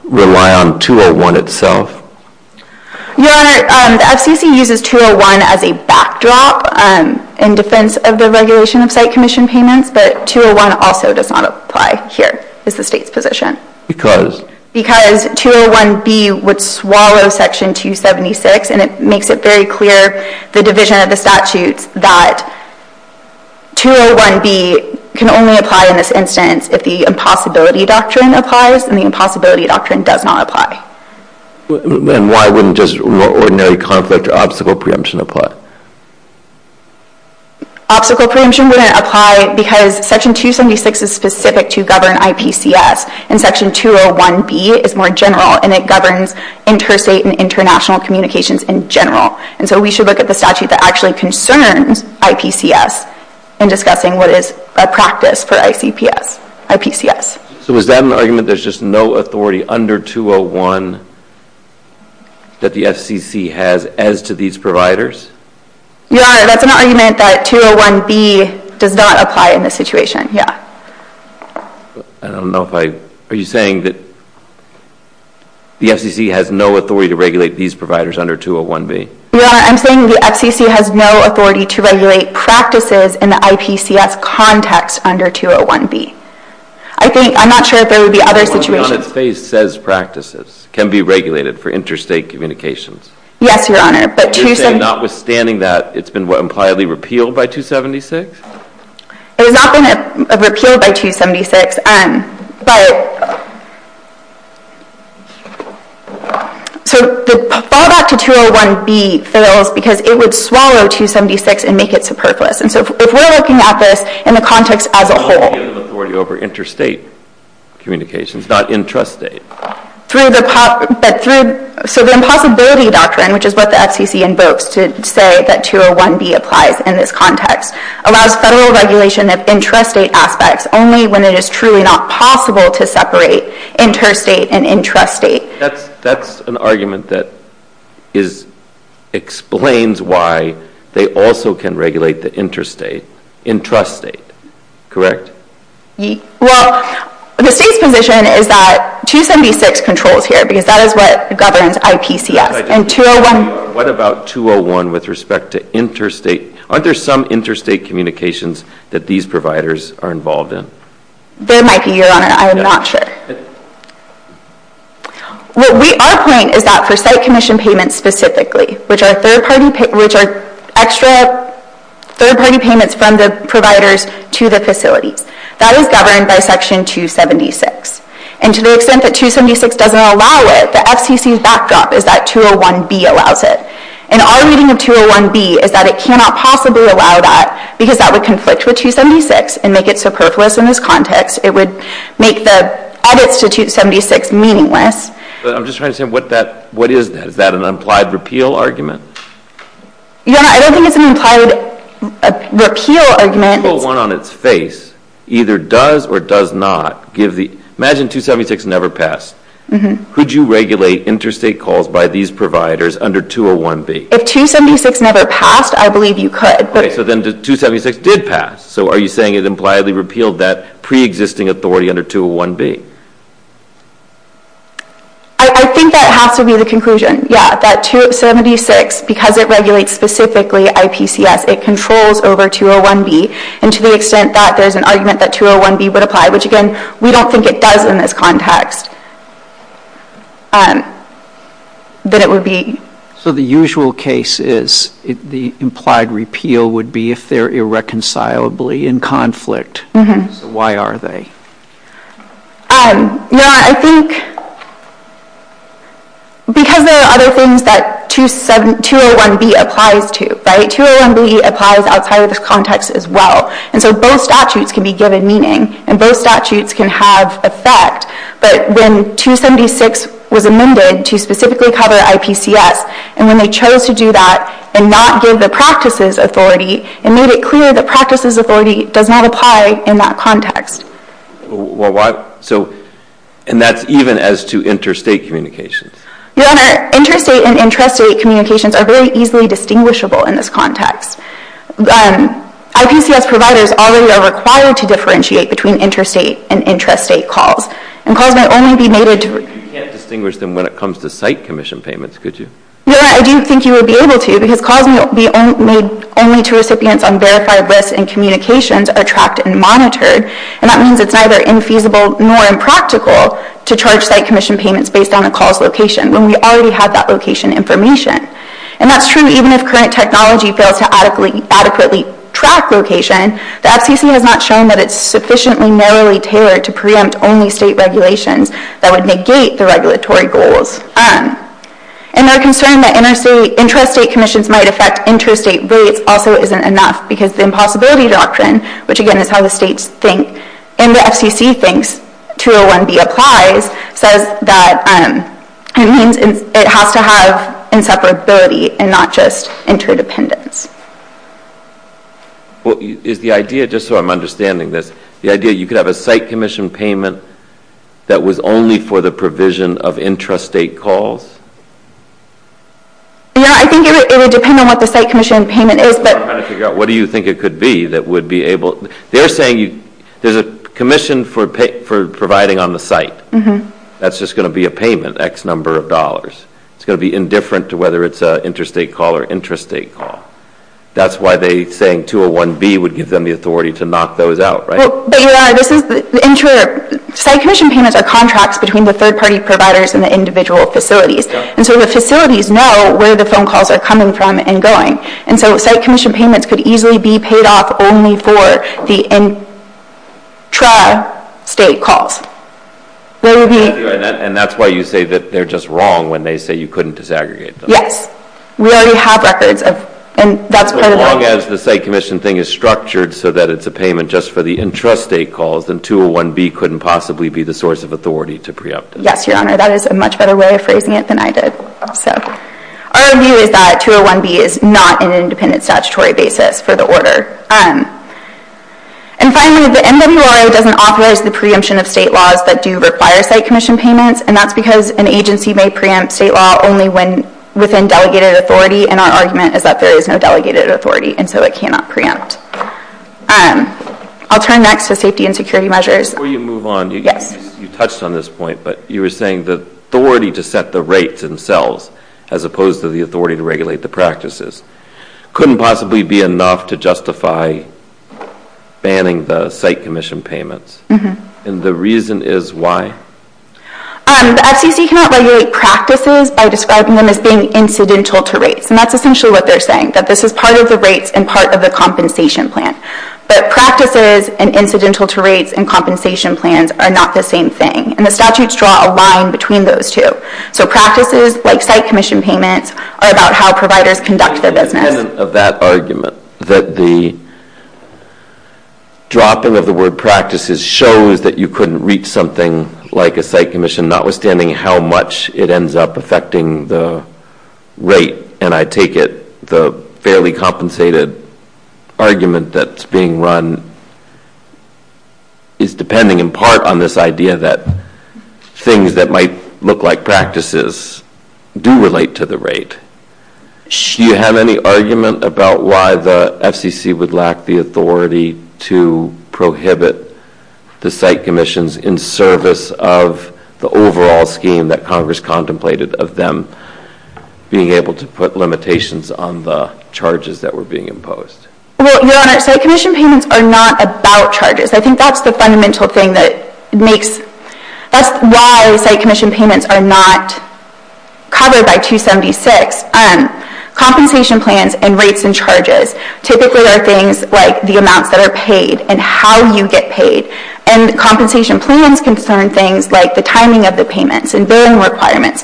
rely on 201 itself? Your Honor, the FCC uses 201 as a backdrop in defense of the regulation of site commission payments, but 201 also does not apply here as a state division. Because 201B would swallow Section 276 and it makes it very clear the division of the statute that 201B can only apply in this instance if the impossibility doctrine applies and the impossibility doctrine does not apply. Then why wouldn't just ordinary conflict or obstacle preemption apply? Obstacle preemption wouldn't apply because Section 276 is specific to govern IPCF and Section 201B is more general and it governs interstate and international communications in general. And so we should look at the statute that actually concerns IPCF in discussing what is a practice for IPCF. So is that an argument that there's just no authority under 201 that the FCC has as to these providers? Your Honor, that's an argument that 201B does not apply in this situation, yeah. I don't know if I... Are you saying that the FCC has no authority to regulate these providers under 201B? Your Honor, I'm saying the FCC has no authority to regulate practices in the IPCF context under 201B. I'm not sure if there would be other situations... Your Honor, it says practices can be regulated for interstate communications. Yes, Your Honor, but... Notwithstanding that, it's been impliedly repealed by 276? It has not been repealed by 276, but... So the fallback to 201B fails because it would swallow 276 and make it superfluous. And so if we're looking at this in the context as a whole... It has no authority over interstate communications, not intrastate. So the impossibility doctrine, which is what the FCC invokes to say that 201B applies in this context, allows federal regulation of intrastate assets only when it is truly not possible to separate interstate and intrastate. That's an argument that explains why they also can regulate the intrastate, correct? Well, the state's position is that 276 controls here because that is what governs IPCF. What about 201 with respect to interstate? Aren't there some interstate communications that these providers are involved in? There might be, Your Honor. I am not sure. Our point is that for site commission payments specifically, which are third-party payments from the providers to the facility, that is governed by Section 276. And to the extent that 276 doesn't allow it, the FCC's backdrop is that 201B allows it. And our reading of 201B is that it cannot possibly allow that because that would conflict with 276 and make it superfluous in this context. It would make the other 276 meaningless. I'm just trying to say, what is that? Is that an implied repeal argument? Your Honor, I don't think it's an implied repeal argument. 201 on its face either does or does not. Imagine 276 never passed. Could you regulate interstate calls by these providers under 201B? If 276 never passed, I believe you could. So then 276 did pass. So are you saying it's impliedly repealed that pre-existing authority under 201B? I think that has to be the conclusion. Yeah, that 276, because it regulates specifically IPCF, it controls over 201B. And to the extent that there's an argument that 201B would apply, which again, we don't think it does in this context, that it would be... So the usual case is the implied repeal would be if they're irreconcilably in conflict. Why are they? I think because there are other things that 201B applies to. 201B applies outside of this context as well. And so both statutes can be given meaning. And both statutes can have effect. But then 276 was amended to specifically cover IPCF, and then they chose to do that and not give the practices authority and made it clear the practices authority does not apply in that context. And that's even as to interstate communication? Your Honor, interstate and intrastate communications are very easily distinguishable in this context. IPCF providers already are required to differentiate between interstate and intrastate calls. And calls might only be made to... You can't distinguish them when it comes to site commission payments, could you? Your Honor, I didn't think you would be able to, because calls might be made only to recipients on verified lists and communications are tracked and monitored. And that means it's neither infeasible nor impractical to charge site commission payments based on a call's location when we already have that location information. And that's true even if current technology fails to adequately track location, the FCC has not shown that it's sufficiently narrowly tailored to preempt only state regulations that would negate the regulatory goals. And our concern that intrastate commissions might affect intrastate rates also isn't enough because the impossibility doctrine, which again is how the states think and the FCC thinks, 201B applies, says that it has to have inseparability and not just interdependence. Well, is the idea, just so I'm understanding this, the idea you could have a site commission payment that was only for the provision of intrastate calls? Yeah, I think it would depend on what the site commission payment is, but... I'm trying to figure out what do you think it could be that would be able... They're saying there's a commission for providing on the site. That's just going to be a payment, X number of dollars. It's going to be indifferent to whether it's an intrastate call or intrastate call. That's why they're saying 201B would give them the authority to knock those out, right? Well, you're right. Site commission payments are contracts between the third-party providers and the individual facilities. And so the facilities know where the phone calls are coming from and going. And so site commission payments could easily be paid off only for the intrastate calls. And that's why you say that they're just wrong when they say you couldn't disaggregate them. Yes. We already have records of... As long as the site commission thing is structured so that it's a payment just for the intrastate calls and 201B couldn't possibly be the source of authority to preempt it. Yes, Your Honor, that is a much better way of phrasing it than I did. Our view is that 201B is not an independent statutory basis for the order. And finally, the NWRA doesn't authorize the preemption of state laws that do require site commission payments. And that's because an agency may preempt state law only within delegated authority. And our argument is that there is no delegated authority, and so it cannot preempt. I'll turn next to safety and security measures. Before you move on, you touched on this point, but you were saying the authority to set the rates themselves as opposed to the authority to regulate the practices couldn't possibly be enough to justify banning the site commission payments. And the reason is why? The FCC cannot regulate practices by describing them as being incidental to rates. And that's essentially what they're saying, that this is part of the rates and part of the compensation plan. But practices and incidental to rates and compensation plans are not the same thing. And the statutes draw a line between those two. So practices, like site commission payments, are about how providers conduct their business. At the end of that argument, that the dropping of the word practices shows that you couldn't reach something like a site commission, notwithstanding how much it ends up affecting the rate. And I take it the fairly compensated argument that's being run is depending in part on this idea that things that might look like practices do relate to the rate. Do you have any argument about why the FCC would lack the authority to prohibit the site commissions in service of the overall scheme that Congress contemplated of them being able to put limitations on the charges that were being imposed? Well, Your Honor, site commission payments are not about charges. I think that's the fundamental thing that makes, that's why site commission payments are not covered by 276. Compensation plans and rates and charges typically are things like the amounts that are paid and how you get paid. And compensation plans concern things like the timing of the payments and burden requirements.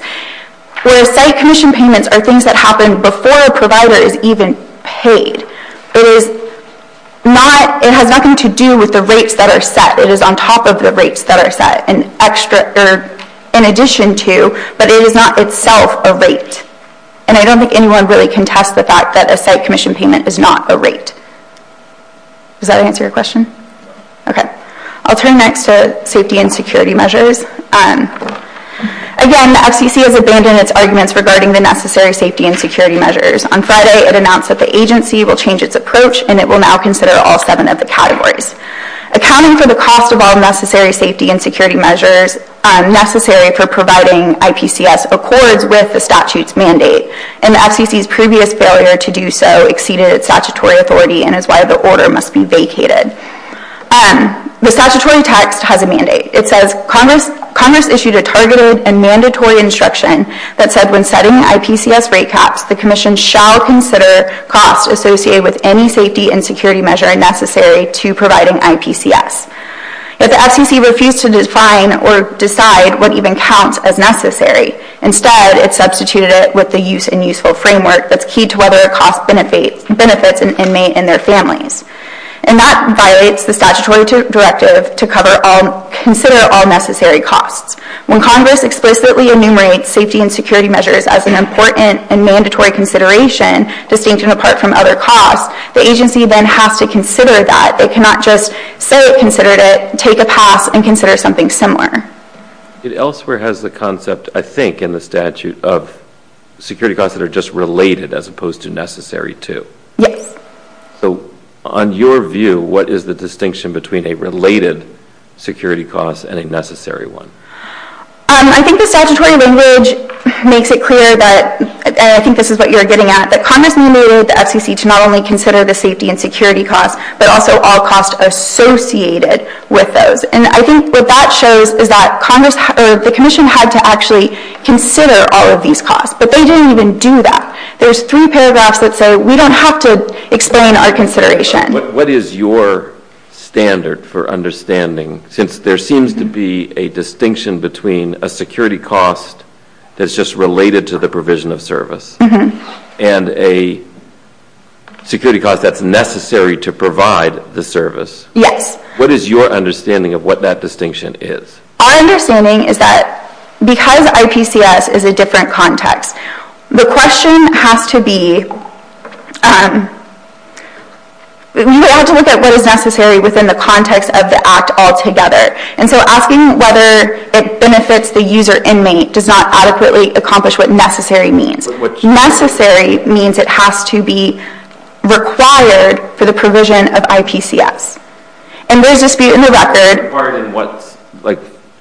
Whereas site commission payments are things that happen before a provider is even paid. It has nothing to do with the rates that are set. It is on top of the rates that are set, in addition to, but it is not itself a rate. And I don't think anyone really contests the fact that a site commission payment is not a rate. Does that answer your question? Okay. I'll turn next to safety and security measures. Again, the FCC has abandoned its arguments regarding the necessary safety and security measures. On Friday, it announced that the agency will change its approach, and it will now consider all seven of the categories. Accounting for the cost of all necessary safety and security measures necessary for providing IPCS accords with the statute's mandate. And the FCC's previous failure to do so exceeded its statutory authority, and is why the order must be vacated. The statutory text has a mandate. It says, Congress issued a targeted and mandatory instruction that said, when setting the IPCS rate cap, the commission shall consider costs associated with any safety and security measure necessary to providing IPCS. If the FCC refused to define or decide what even counts as necessary, instead it substituted it with the use and useful framework that's key to whether a cost benefits an inmate and their families. And that violates the statutory directive to consider all necessary costs. When Congress explicitly enumerates safety and security measures as an important and mandatory consideration, distinct and apart from other costs, the agency then has to consider that. They cannot just say it, consider it, take a path, and consider something similar. It elsewhere has the concept, I think, in the statute, of security costs that are just related as opposed to necessary to. Yes. So on your view, what is the distinction between a related security cost and a necessary one? I think the statutory language makes it clear that, and I think this is what you're getting at, that Congress enumerated the FCC to not only consider the safety and security costs, but also all costs associated with those. And I think what that shows is that the commission had to actually consider all of these costs, but they didn't even do that. There's three paragraphs that say we don't have to explain our consideration. What is your standard for understanding, since there seems to be a distinction between a security cost that's just related to the provision of service and a security cost that's necessary to provide the service? Yes. What is your understanding of what that distinction is? Our understanding is that because IPCS is a different context, the question has to be, you have to look at what is necessary within the context of the act altogether. And so asking whether it benefits the user inmate does not adequately accomplish what necessary means. Necessary means it has to be required for the provision of IPCS. And there's a dispute in the record.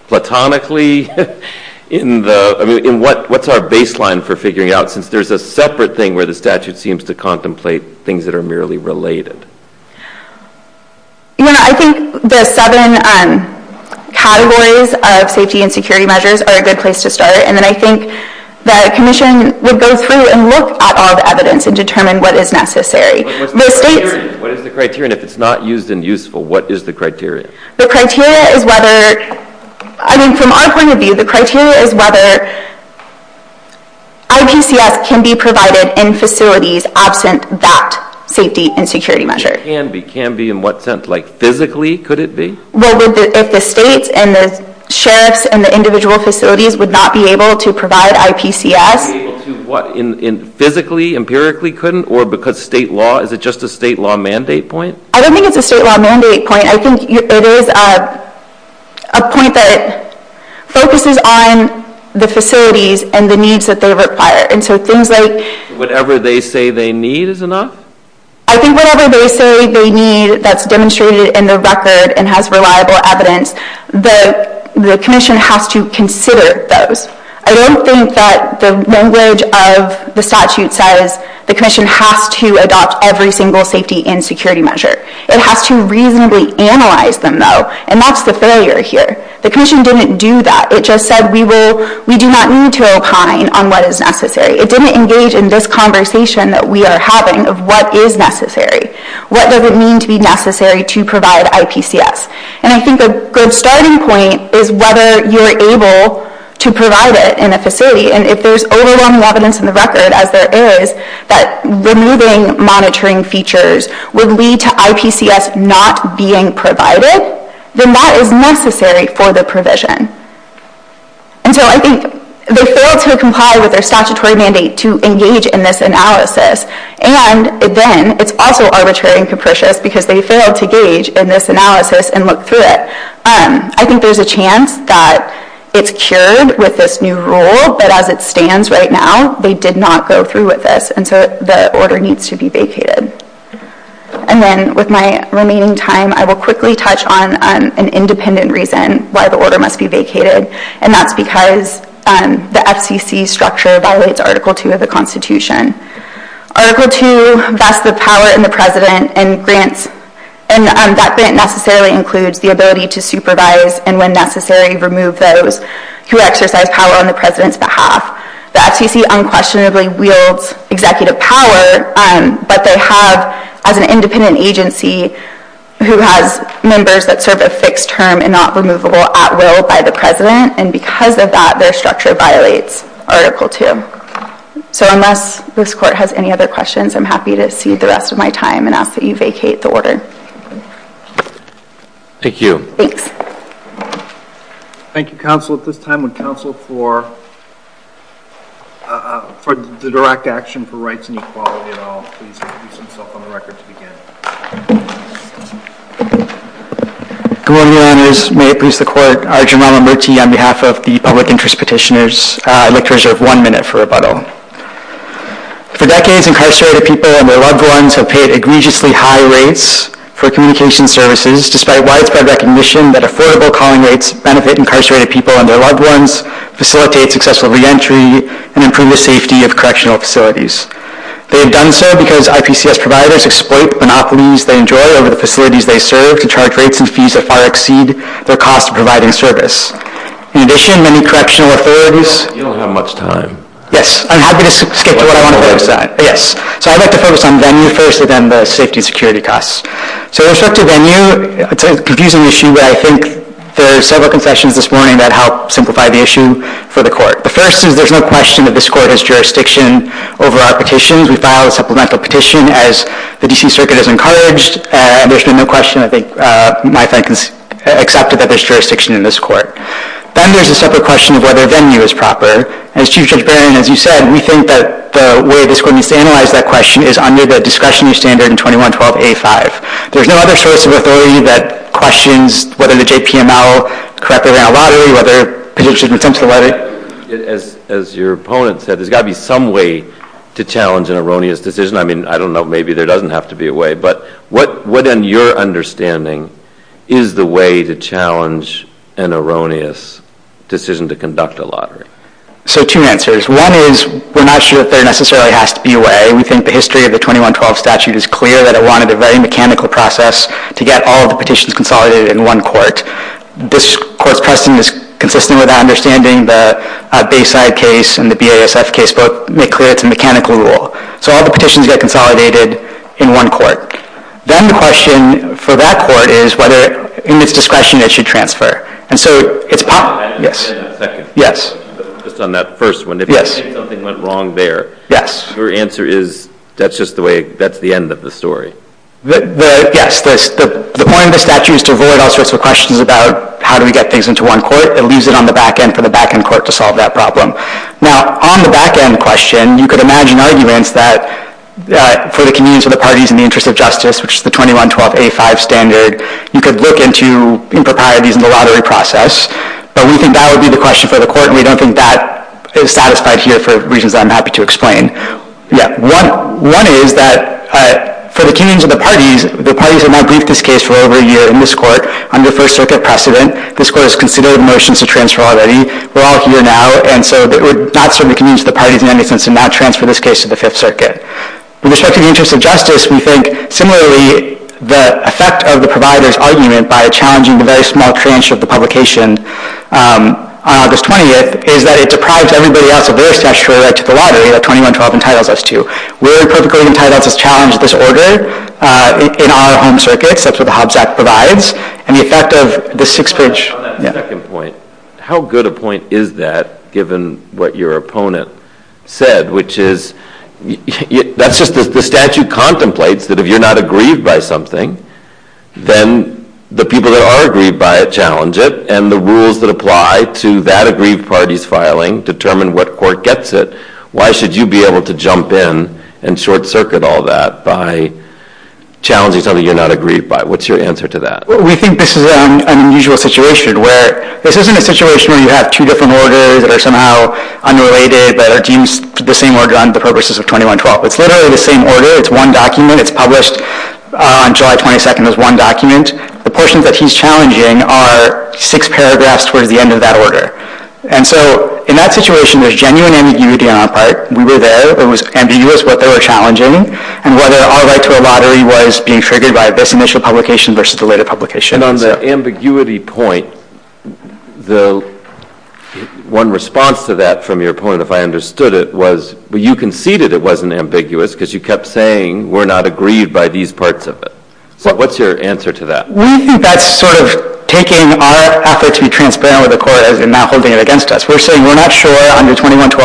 Platonically, what's our baseline for figuring out, since there's a separate thing where the statute seems to contemplate things that are merely related? I think the seven categories of safety and security measures are a good place to start. And I think the commission would go through and look at all the evidence and determine what is necessary. What is the criterion? If it's not used and useful, what is the criterion? The criterion is whether, I mean, from our point of view, the criterion is whether IPCS can be provided in facilities absent that safety and security measure. It can be. It can be in what sense? Like physically, could it be? Well, if the state and the sheriffs and the individual facilities would not be able to provide IPCS. Not be able to, what, physically, empirically couldn't? Or because state law, is it just a state law mandate point? I don't think it's a state law mandate point. I think it is a point that focuses on the facilities and the needs that they require. And so things like – Whatever they say they need is enough? I think whatever they say they need that's demonstrated in the record and has reliable evidence, the commission has to consider those. I don't think that the language of the statute says the commission has to adopt every single safety and security measure. It has to reasonably analyze them, though, and that's the failure here. The commission didn't do that. It just said we do not need to rely on what is necessary. It didn't engage in this conversation that we are having of what is necessary, what does it mean to be necessary to provide IPCS. And I think a good starting point is whether you're able to provide it in a facility. And if there's overwhelming evidence in the record, as there is, that removing monitoring features would lead to IPCS not being provided, then that is necessary for the provision. And so I think they failed to comply with their statutory mandate to engage in this analysis. And, again, it's also arbitrary and capricious because they failed to engage in this analysis and look through it. I think there's a chance that it's cured with this new rule, but as it stands right now, they did not go through with this, and so the order needs to be vacated. And then with my remaining time, I will quickly touch on an independent reason why the order must be vacated, and that's because the FCC structure violates Article II of the Constitution. Article II, that's the power in the President, and that grant necessarily includes the ability to supervise and when necessary remove those who exercise power on the President's behalf. The FCC unquestionably wields executive power, but they have an independent agency who has members that serve a fixed term and not removable at will by the President, and because of that their structure violates Article II. So unless this Court has any other questions, I'm happy to seize the rest of my time and ask that you vacate the order. Thank you. Thanks. Thank you, Counsel. At this time would Counsel for the direct action for rights and equality, and I'll please introduce myself on the record to begin. Good morning, Your Honors. May it please the Court, I'm Jermaine Lamberti on behalf of the Public Interest Petitioners. I'd like to reserve one minute for rebuttal. For decades, incarcerated people and their loved ones have paid egregiously high rates for communication services despite widespread recognition that affordable calling rates benefit incarcerated people and their loved ones, facilitate successful reentry, and improve the safety of correctional facilities. They have done so because IPCS providers exploit the monopolies they enjoy over the facilities they serve to charge rates and fees that far exceed their cost of providing service. In addition, many correctional authorities You don't have much time. Yes. I'm happy to skip to what I want to focus on. Yes. So I'd like to focus on venue first and then the safety and security costs. So we'll start with venue. It's a confusing issue, but I think there are several confessions this morning that help simplify the issue for the Court. The first is there's no question that this Court has jurisdiction over our petitions. We filed a supplemental petition as the D.C. Circuit has encouraged, and there's no question, I think, my friends, accepted that there's jurisdiction in this Court. Then there's a separate question of whether venue is proper. And as Chief Judge Barron, as you said, we think that the way this Court needs to analyze that question is under the discretionary standard 21-12-A-5. There's no other choice of authority that questions whether the JPML correctly ran a lottery, whether positions were sent to the letter. As your opponent said, there's got to be some way to challenge an erroneous decision. I mean, I don't know. Maybe there doesn't have to be a way. But what, in your understanding, is the way to challenge an erroneous decision to conduct a lottery? So two answers. One is we're not sure if there necessarily has to be a way. We think the history of the 21-12 statute is clear that it wanted a very mechanical process to get all the petitions consolidated in one Court. This Court's testing is consistent with our understanding that a Bayside case and the BASF case both make clear it's a mechanical rule. So all the petitions get consolidated in one Court. Then the question for that Court is whether, in its discretion, it should transfer. And so it's a problem. Yes. Yes. Just on that first one. Yes. If something went wrong there. Yes. Your answer is that's just the way, that's the end of the story. Yes. The point of the statute is to avoid all sorts of questions about how do we get things into one Court and leave it on the back end for the back end Court to solve that problem. Now, on the back end question, you could imagine arguments that for the communes or the parties in the interest of justice, which is the 21-12A5 standard, you could look into improprieties in the lottery process. But we think that would be the question for the Court, and we don't think that is satisfied here for reasons I'm happy to explain. Yes. One is that for the communes or the parties, the parties have not briefed this case for over a year in this Court under First Circuit precedent. This Court has considered motions to transfer already. We're all here now, and so we're not certain the communes or the parties in any sense have not transferred this case to the Fifth Circuit. With respect to the interest of justice, we think similarly, the effect of the providers arguing it by challenging the very small tranche of the publication on August 20th is that it deprives everybody else of their statutory right to the lottery that 21-12 entitles us to. We're perfectly entitled to challenge this order in our own circuits. That's what the Hobbs Act provides. And the effect of the Sixth Circuit... On that second point, how good a point is that given what your opponent said, which is that's just the statute contemplates that if you're not aggrieved by something, then the people that are aggrieved by it challenge it, and the rules that apply to that aggrieved party's filing determine what court gets it. Why should you be able to jump in and short-circuit all that by challenging something you're not aggrieved by? What's your answer to that? Well, we think this is an unusual situation where this isn't a situation where you have two different orders that are somehow unrelated, that are deemed the same order under the purposes of 21-12. It's literally the same order. It's one document. It's published on July 22nd as one document. The portions that he's challenging are six paragraphs toward the end of that order. And so, in that situation, there's genuine ambiguity on our part. We were there. It was ambiguous what they were challenging and whether our right to a lottery was being triggered by this initial publication versus the later publication. And on the ambiguity point, the one response to that from your point, if I understood it, was you conceded it wasn't ambiguous because you kept saying we're not aggrieved by these parts of it. So, what's your answer to that? We think that's sort of taking our effort to be transparent with the court and not holding it against us. We're saying we're not sure under 21-12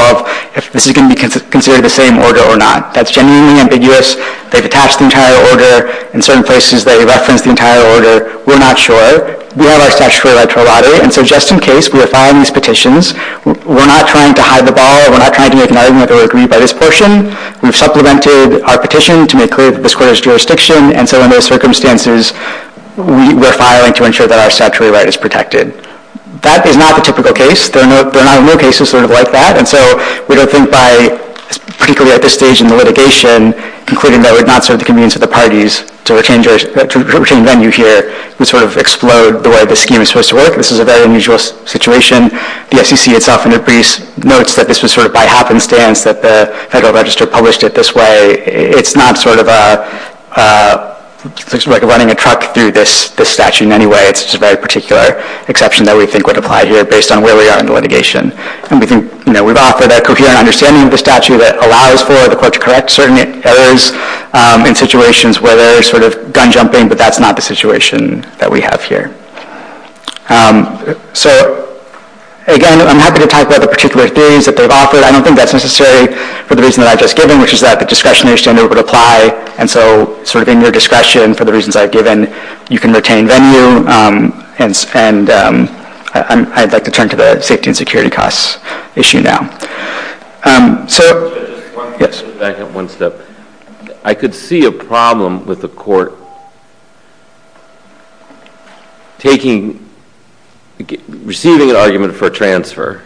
if this is going to be considered the same order or not. That's genuinely ambiguous. They've attached the entire order. In certain places, they reference the entire order. We're not sure. We have our statutory right to a lottery. And so, just in case, we're filing these petitions. We're not trying to hide the ball. We're not trying to do anything that would go aggrieved by this portion. We've supplemented our petition to make clear that this court has jurisdiction. And so, in those circumstances, we're filing to ensure that our statutory right is protected. That is not the typical case. There are not a lot of cases sort of like that. And so, we don't think by, particularly at this stage in the litigation, concluding that we're not sort of to convene to the parties, to retain venue here, we sort of explode the way the scheme is supposed to work. This is a very unusual situation. The SEC itself in their briefs notes that this was sort of by happenstance that the Federal Register published it this way. It's not sort of like running a truck through this statute in any way. It's a very particular exception that we think would apply here based on where we are in the litigation. We've offered a coherent understanding of the statute that allows for the court to correct certain errors in situations where there's sort of gun jumping, but that's not the situation that we have here. So, again, I'm happy to talk about the particular things that they've offered. I don't think that's necessary for the reason that I've just given, which is that the discretionary standard would apply. And so, sort of in your discretion, for the reasons I've given, you can retain venue. And I'd like to turn to the safety and security costs issue now. So... Yes. Back up one step. I could see a problem with the court taking... receiving an argument for a transfer.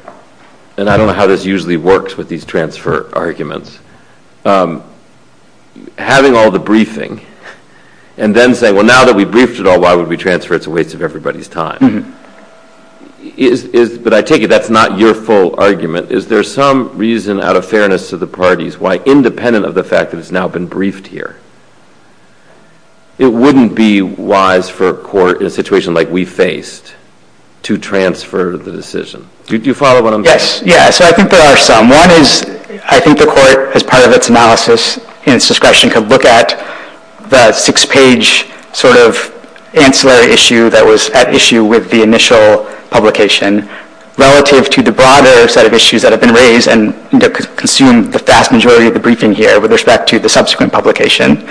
And I don't know how this usually works with these transfer arguments. Having all the briefing and then saying, well, now that we've briefed it all, why would we transfer? It's a waste of everybody's time. But I take it that's not your full argument. Is there some reason, out of fairness to the parties, why, independent of the fact that it's now been briefed here, it wouldn't be wise for a court in a situation like we faced to transfer the decision? Do you follow what I'm saying? Yes. Yeah, so I think there are some. One is, I think the court, as part of its analysis and its discretion, could look at the six-page sort of ancillary issue that was at issue with the initial publication relative to the broader set of issues that have been raised and consume the vast majority of the briefing here with respect to the subsequent publication.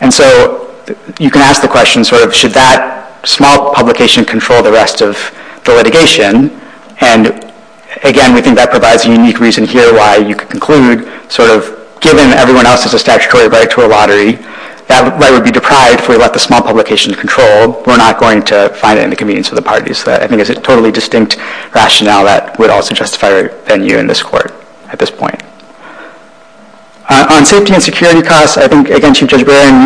And so, you can ask the question, sort of, did that small publication control the rest of the litigation? And, again, we think that provides a unique reason here why you could conclude, sort of, given that everyone else has a statutory right to a lottery, that right would be deprived if we let the small publication control. We're not going to find it in the convenience of the parties. But I think it's a totally distinct rationale that would also justify our venue in this court at this point. On safety and security costs, I think, again,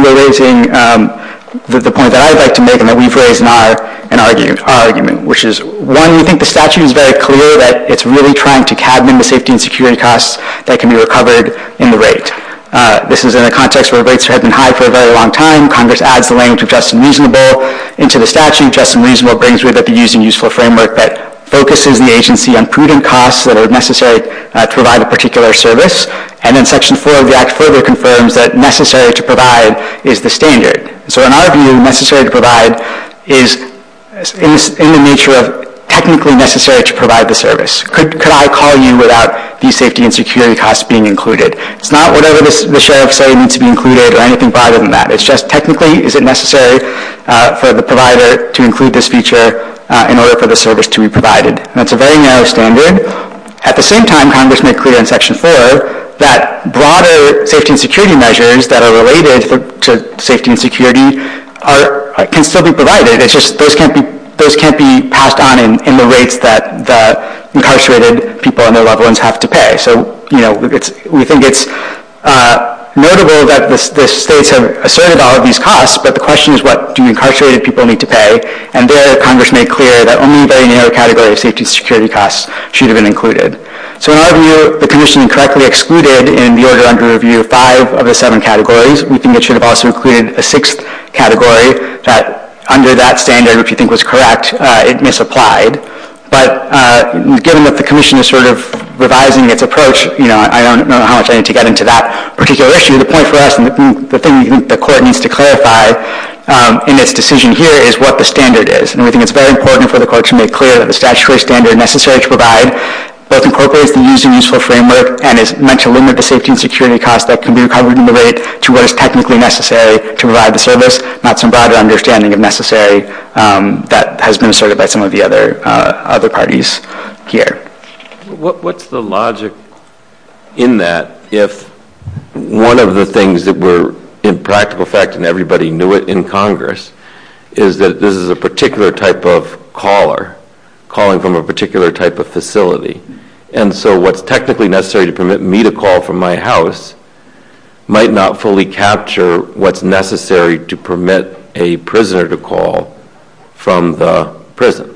we're raising the points that I would like to make and that we've raised in our argument, which is, one, we think the statute is very clear that it's really trying to cabin the safety and security costs that can be recovered in the rate. This is in a context where rates have been high for a very long time. Congress adds the language of just and reasonable into the statute. Just and reasonable brings with it the use and use for framework that focuses the agency on prudent costs that are necessary to provide a particular service. And then Section 4 of the Act further confirms that necessary to provide is the standard. So in our view, necessary to provide is in the nature of technically necessary to provide the service. Could I call you without the safety and security costs being included? It's not whatever the sheriff's say needs to be included or anything broader than that. It's just, technically, is it necessary for the provider to include this feature in order for the service to be provided? And it's a very narrow standard. At the same time, Congress may clear in Section 4 that broader safety and security measures that are related to safety and security can still be provided. It's just those can't be passed on in the rates that incarcerated people and their loved ones have to pay. So, you know, we think it's notable that the states have asserted all of these costs, but the question is what do incarcerated people need to pay? And there, Congress made clear that only very narrow category of safety and security costs should have been included. So in our view, the commission correctly excluded in the order under review five of the seven categories. We think it should have also included a sixth category that under that standard, if you think was correct, it misapplied. But given that the commission is sort of revising its approach, I don't know how much I need to get into that particular issue. The point for us and the thing the court needs to clarify in this decision here is what the standard is. And we think it's very important for the court to make clear that the statutory standard necessary to provide both incorporates the user-useful framework and is meant to limit the safety and security costs that can be recovered and delivered to where it's technically necessary to provide the service, not some broader understanding of necessary that has been asserted by some of the other parties here. What's the logic in that if one of the things that were in practical effect and everybody knew it in Congress is that this is a particular type of caller calling from a particular type of facility. And so what's technically necessary to permit me to call from my house might not fully capture what's necessary to permit a prisoner to call from the prison.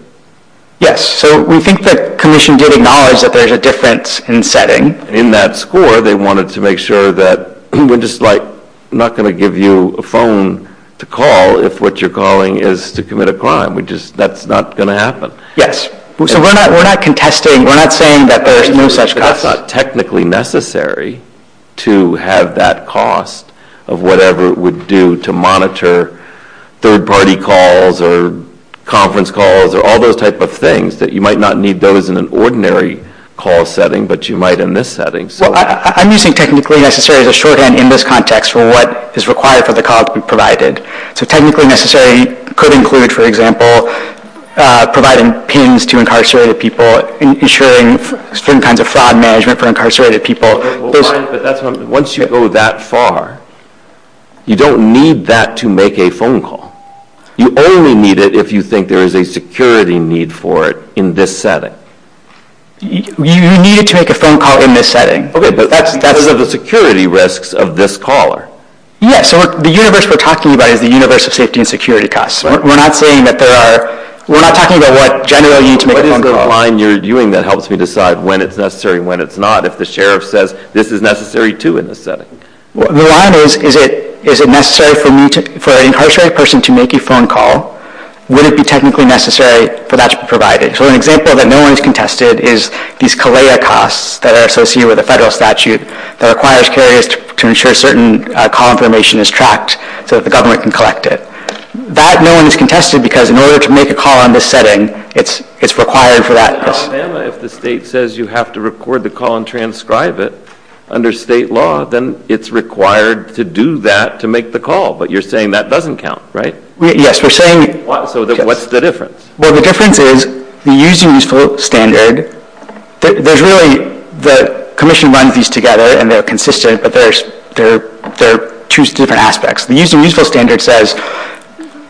Yes, so we think the commission did acknowledge that there's a difference in setting. In that score, they wanted to make sure that they're just not going to give you a phone to call if what you're calling is to commit a crime. That's not going to happen. Yes, so we're not contesting, we're not saying that there's no such cost. Technically necessary to have that cost of whatever it would do to monitor third-party calls or conference calls or all those type of things that you might not need those in an ordinary call setting, but you might in this setting. I'm using technically necessary as a shorthand in this context for what is required for the calls to be provided. So technically necessary could include, for example, providing PINs to incarcerated people, ensuring certain kinds of fraud management for incarcerated people. Once you go that far, you don't need that to make a phone call. You only need it if you think there is a security need for it in this setting. You need it to make a phone call in this setting. Okay, but that's because of the security risks of this caller. Yes, so the universe we're talking about is the universe of safety and security costs. We're not saying that there are, we're not talking about what general need to make a phone call. What is the line you're viewing that helps me decide when it's necessary and when it's not if the sheriff says this is necessary too in this setting? The line is, is it necessary for an incarcerated person to make a phone call? Would it be technically necessary for that to be provided? So an example that normally is contested is these CALEA costs that are associated with a federal statute that requires carriers to ensure certain confirmation is tracked so that the government can collect it. That normally is contested because in order to make a call in this setting, it's required for that cost. If the state says you have to record the call and transcribe it under state law, then it's required to do that to make the call. But you're saying that doesn't count, right? Yes, we're saying... So what's the difference? Well, the difference is, we're using these for standard. There's really, the commission runs these together and they're consistent, but there are two different aspects. Using these for standard says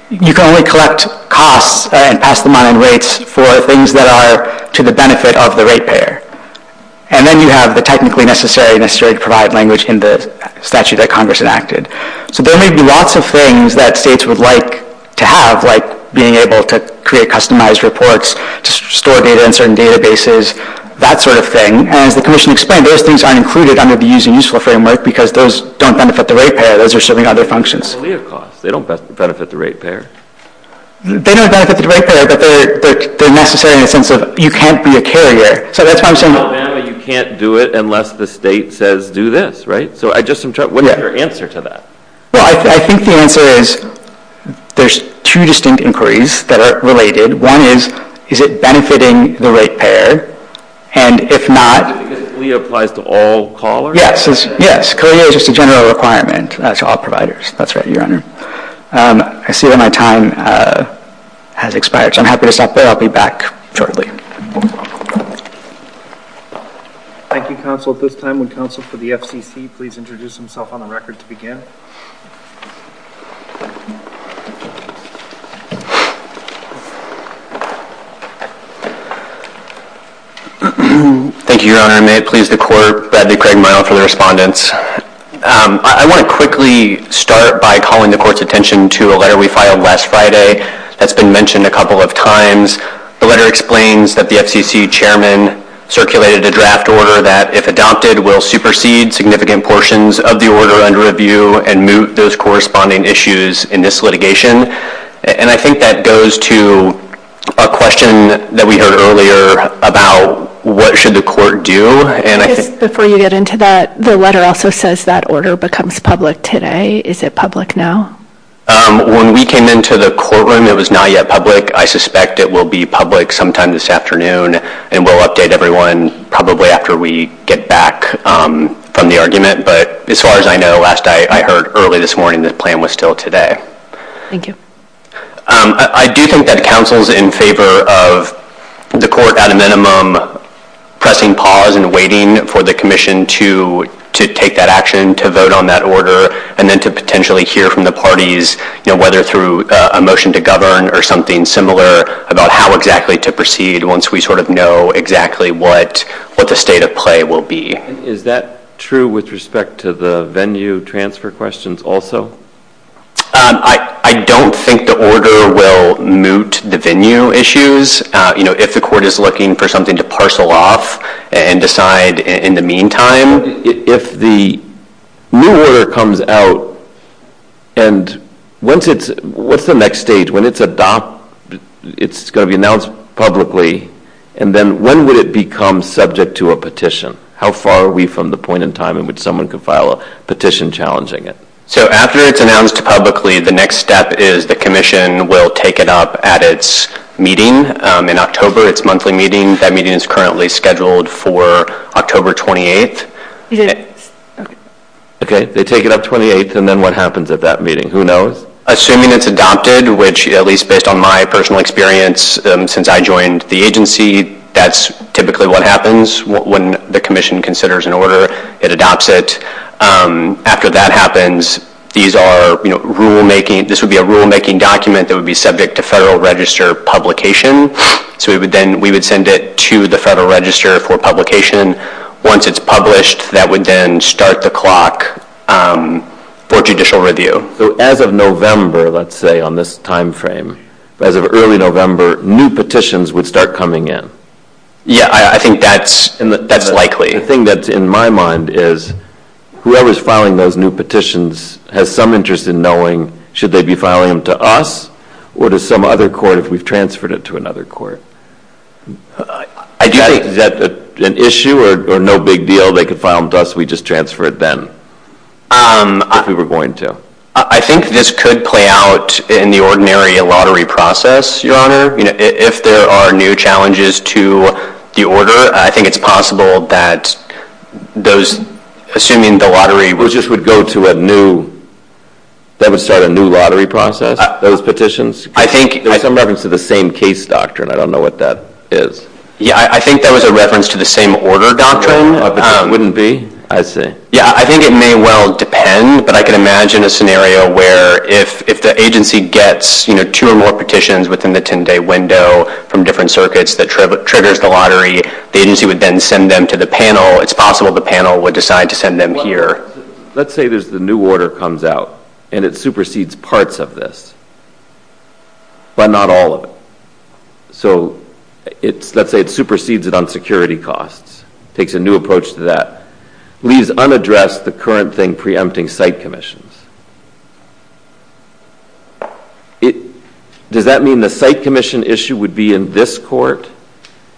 you can only collect costs and pass them on in rates for things that are to the benefit of the rate payer. And then you have the technically necessary, necessary to provide language in the statute that Congress enacted. So there may be lots of things that states would like to have, like being able to create customized reports, to store data in certain databases, that sort of thing. And as the commission explained, those things aren't included under the Use a Useful Framework because those don't benefit the rate payer. Those are serving other functions. But what about cost? They don't benefit the rate payer. They don't benefit the rate payer, but they're necessary in the sense of you can't be a carrier. So that's why I'm saying... You can't do it unless the state says do this, right? So I just am trying... What's your answer to that? Well, I think the answer is there's two distinct inquiries that are related. One is, is it benefiting the rate payer? And if not... It basically applies to all callers? Yes. Yes. Career is just a general requirement. That's all providers. That's right, Your Honor. I see that my time has expired, so I'm happy to stop there. I'll be back shortly. Thank you, counsel. At this time, would counsel for the FCC please introduce himself on the record to begin? Thank you, Your Honor. May it please the court, Bradley Craig-Meyer for the respondents. I want to quickly start by calling the court's attention to a letter we filed last Friday that's been mentioned a couple of times. The letter explains that the FCC chairman circulated a draft order that, if adopted, will supersede significant portions of the order under review, and that the FCC chairman will be able to review and move those corresponding issues in this litigation. And I think that goes to a question that we heard earlier about what should the court do. Before you get into that, the letter also says that order becomes public today. Is it public now? When we came into the courtroom, it was not yet public. I suspect it will be public sometime this afternoon, and we'll update everyone probably after we get back from the argument. But as far as I know, last night I heard early this morning the plan was still today. Thank you. I do think that counsel is in favor of the court, at a minimum, pressing pause and waiting for the commission to take that action, to vote on that order, and then to potentially hear from the parties, whether through a motion to govern or something similar, about how exactly to proceed once we sort of know exactly what the state of play will be. Is that true with respect to the venue transfer questions also? I don't think the order will mute the venue issues. If the court is looking for something to parcel off and decide in the meantime, if the new order comes out, and what's the next stage? When it's going to be announced publicly, and then when would it become subject to a petition? How far are we from the point in time in which someone could file a petition challenging it? So after it's announced publicly, the next step is the commission will take it up at its meeting. In October, it's monthly meetings. That meeting is currently scheduled for October 28th. Okay, they take it up 28th, and then what happens at that meeting? Who knows? Assuming it's adopted, which at least based on my personal experience since I joined the agency, that's typically what happens when the commission considers an order. It adopts it. After that happens, this would be a rulemaking document that would be subject to Federal Register publication. So we would send it to the Federal Register for publication. Once it's published, that would then start the clock for judicial review. So as of November, let's say, on this time frame, as of early November, new petitions would start coming in? Yeah, I think that's likely. The thing that's in my mind is whoever's filing those new petitions has some interest in knowing should they be filing them to us or to some other court if we've transferred it to another court? I do think that's an issue or no big deal. They could file them to us. We just transfer it then if we were going to. I think this could play out in the ordinary lottery process, Your Honor. If there are new challenges to the order, I think it's possible that those, assuming the lottery, would just go to a new lottery process, those petitions. I think it was in reference to the same case doctrine. I don't know what that is. Yeah, I think that was a reference to the same order doctrine. It wouldn't be? I see. Yeah, I think it may well depend, but I can imagine a scenario where if the agency gets two or more petitions within the 10-day window from different circuits that triggers the lottery, the agency would then send them to the panel. It's possible the panel would decide to send them here. Let's say the new order comes out and it supersedes parts of this, but not all of it. So let's say it supersedes it on security costs, takes a new approach to that, leaves unaddressed the current thing preempting site commissions. Does that mean the site commission issue would be in this court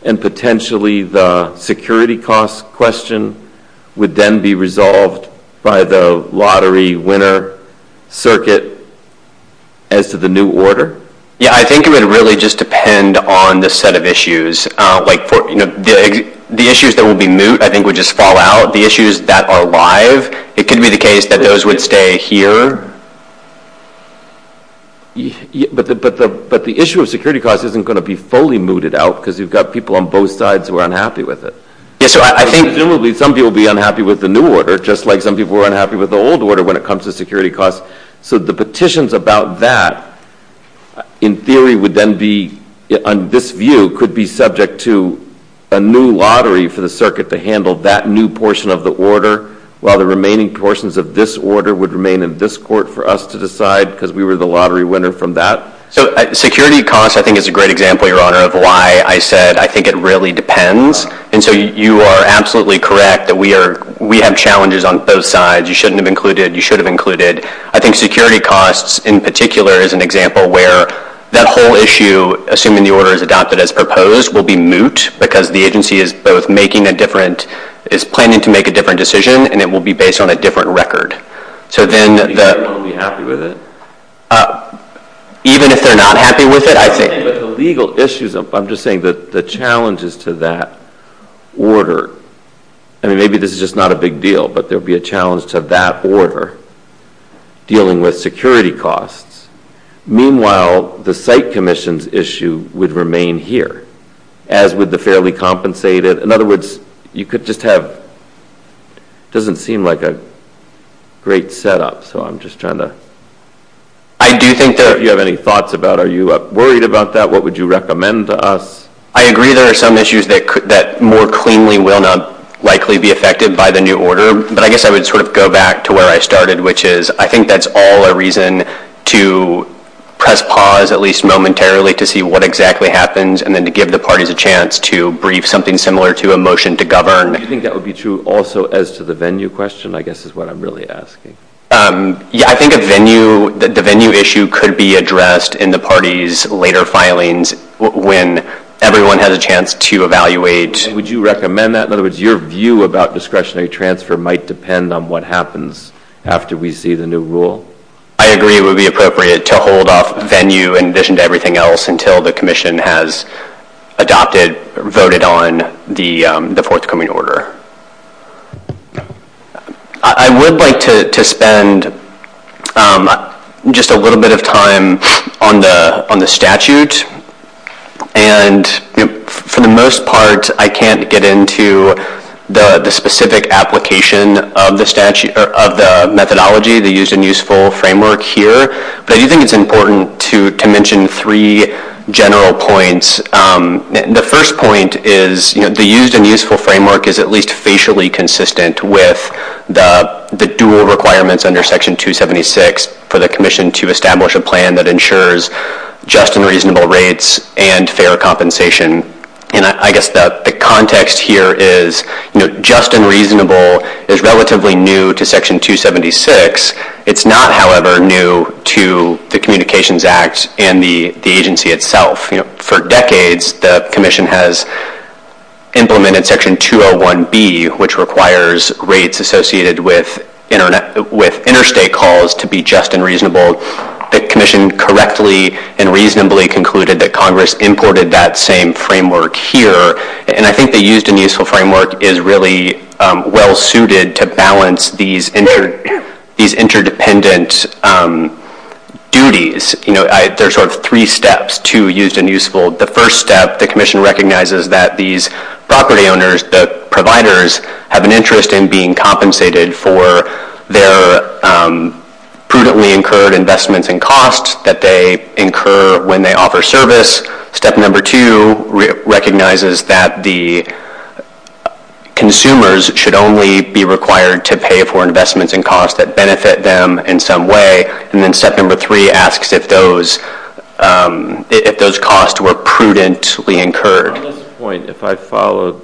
and potentially the security cost question would then be resolved by the lottery winner circuit as to the new order? Yeah, I think it would really just depend on the set of issues. The issues that would be moot I think would just fall out. The issues that are live, it could be the case that those would stay here But the issue of security costs isn't going to be fully mooted out because you've got people on both sides who are unhappy with it. I think some people would be unhappy with the new order just like some people are unhappy with the old order when it comes to security costs. So the petitions about that in theory would then be, on this view, could be subject to a new lottery for the circuit to handle that new portion of the order while the remaining portions of this order would remain in this court for us to decide because we were the lottery winner from that. So security costs I think is a great example, Your Honor, of why I said I think it really depends. And so you are absolutely correct that we have challenges on both sides. You shouldn't have included. You should have included. I think security costs in particular is an example where that whole issue, assuming the order is adopted as proposed, will be moot because the agency is planning to make a different decision and it will be based on a different record. So then, I'll be happy with it. Even if they're not happy with it, I take it. The legal issues, I'm just saying that the challenges to that order, and maybe this is just not a big deal, but there would be a challenge to that order dealing with security costs. Meanwhile, the site commission's issue would remain here as would the fairly compensated. In other words, you could just have, it doesn't seem like a great setup, so I'm just trying to. I do think there, if you have any thoughts about are you worried about that? What would you recommend to us? I agree there are some issues that more cleanly will not likely be affected by the new order, but I guess I would sort of go back to where I started, which is I think that's all a reason to press pause at least momentarily to see what exactly happens and then to give the parties a chance to brief something similar to a motion to govern. I think that would be true also as to the venue question, I guess is what I'm really asking. Yeah, I think a venue, the venue issue could be addressed in the party's later filings when everyone has a chance to evaluate. Would you recommend that? In other words, your view about discretionary transfer might depend on what happens after we see the new rule. I agree it would be appropriate to hold off venue and vision to everything else until the commission has adopted, voted on the forthcoming order. I would like to spend just a little bit of time on the statute, and for the most part, I can't get into the specific application of the methodology, the used and useful framework here, but I do think it's important to mention three general points. The first point is the used and useful framework is at least facially consistent with the dual requirements under Section 276 for the commission to establish a plan that ensures just and reasonable rates and fair compensation. I guess the context here is just and reasonable is relatively new to Section 276. It's not, however, new to the Communications Act and the agency itself. For decades, the commission has implemented Section 201B, which requires rates associated with interstate calls to be just and reasonable. The commission correctly and reasonably concluded that Congress imported that same framework here, and I think the used and useful framework is really well-suited to balance these interdependent duties. There are sort of three steps to used and useful. The first step, the commission recognizes that these property owners, the providers, have an interest in being compensated for their prudently incurred investments and costs that they incur when they offer service. Step number two recognizes that the consumers should only be required to pay for investments and costs that benefit them in some way, and then step number three asks if those costs were prudently incurred. At this point, if I follow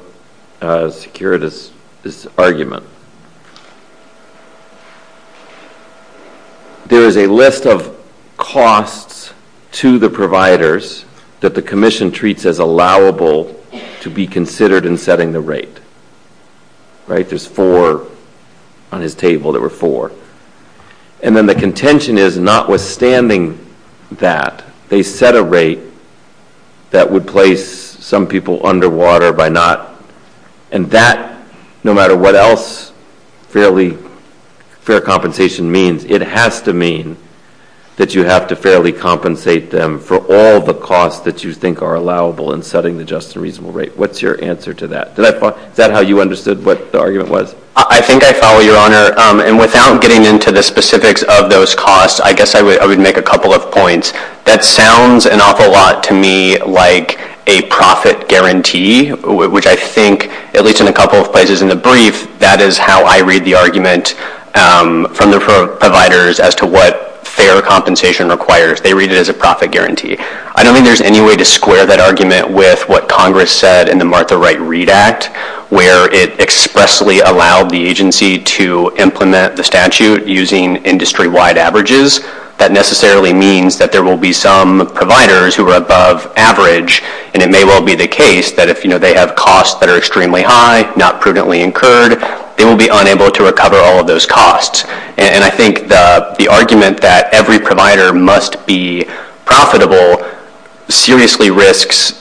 Securitas' argument, there is a list of costs to the providers that the commission treats as allowable to be considered in setting the rate. There's four on his table. There were four. And then the contention is notwithstanding that, they set a rate that would place some people underwater by not, and that, no matter what else fair compensation means, it has to mean that you have to fairly compensate them for all the costs that you think are allowable in setting the just and reasonable rate. What's your answer to that? Is that how you understood what the argument was? I think I follow your honor, and without getting into the specifics of those costs, I guess I would make a couple of points. That sounds an awful lot to me like a profit guarantee, which I think, at least in a couple of places in the brief, that is how I read the argument from the providers as to what fair compensation requires. They read it as a profit guarantee. I don't think there's any way to square that argument with what Congress said in the Martha Wright Read Act, where it expressly allowed the agency to implement the statute using industry-wide averages. That necessarily means that there will be some providers who are above average, and it may well be the case that if they have costs that are extremely high, not prudently incurred, they will be unable to recover all of those costs. I think the argument that every provider must be profitable seriously risks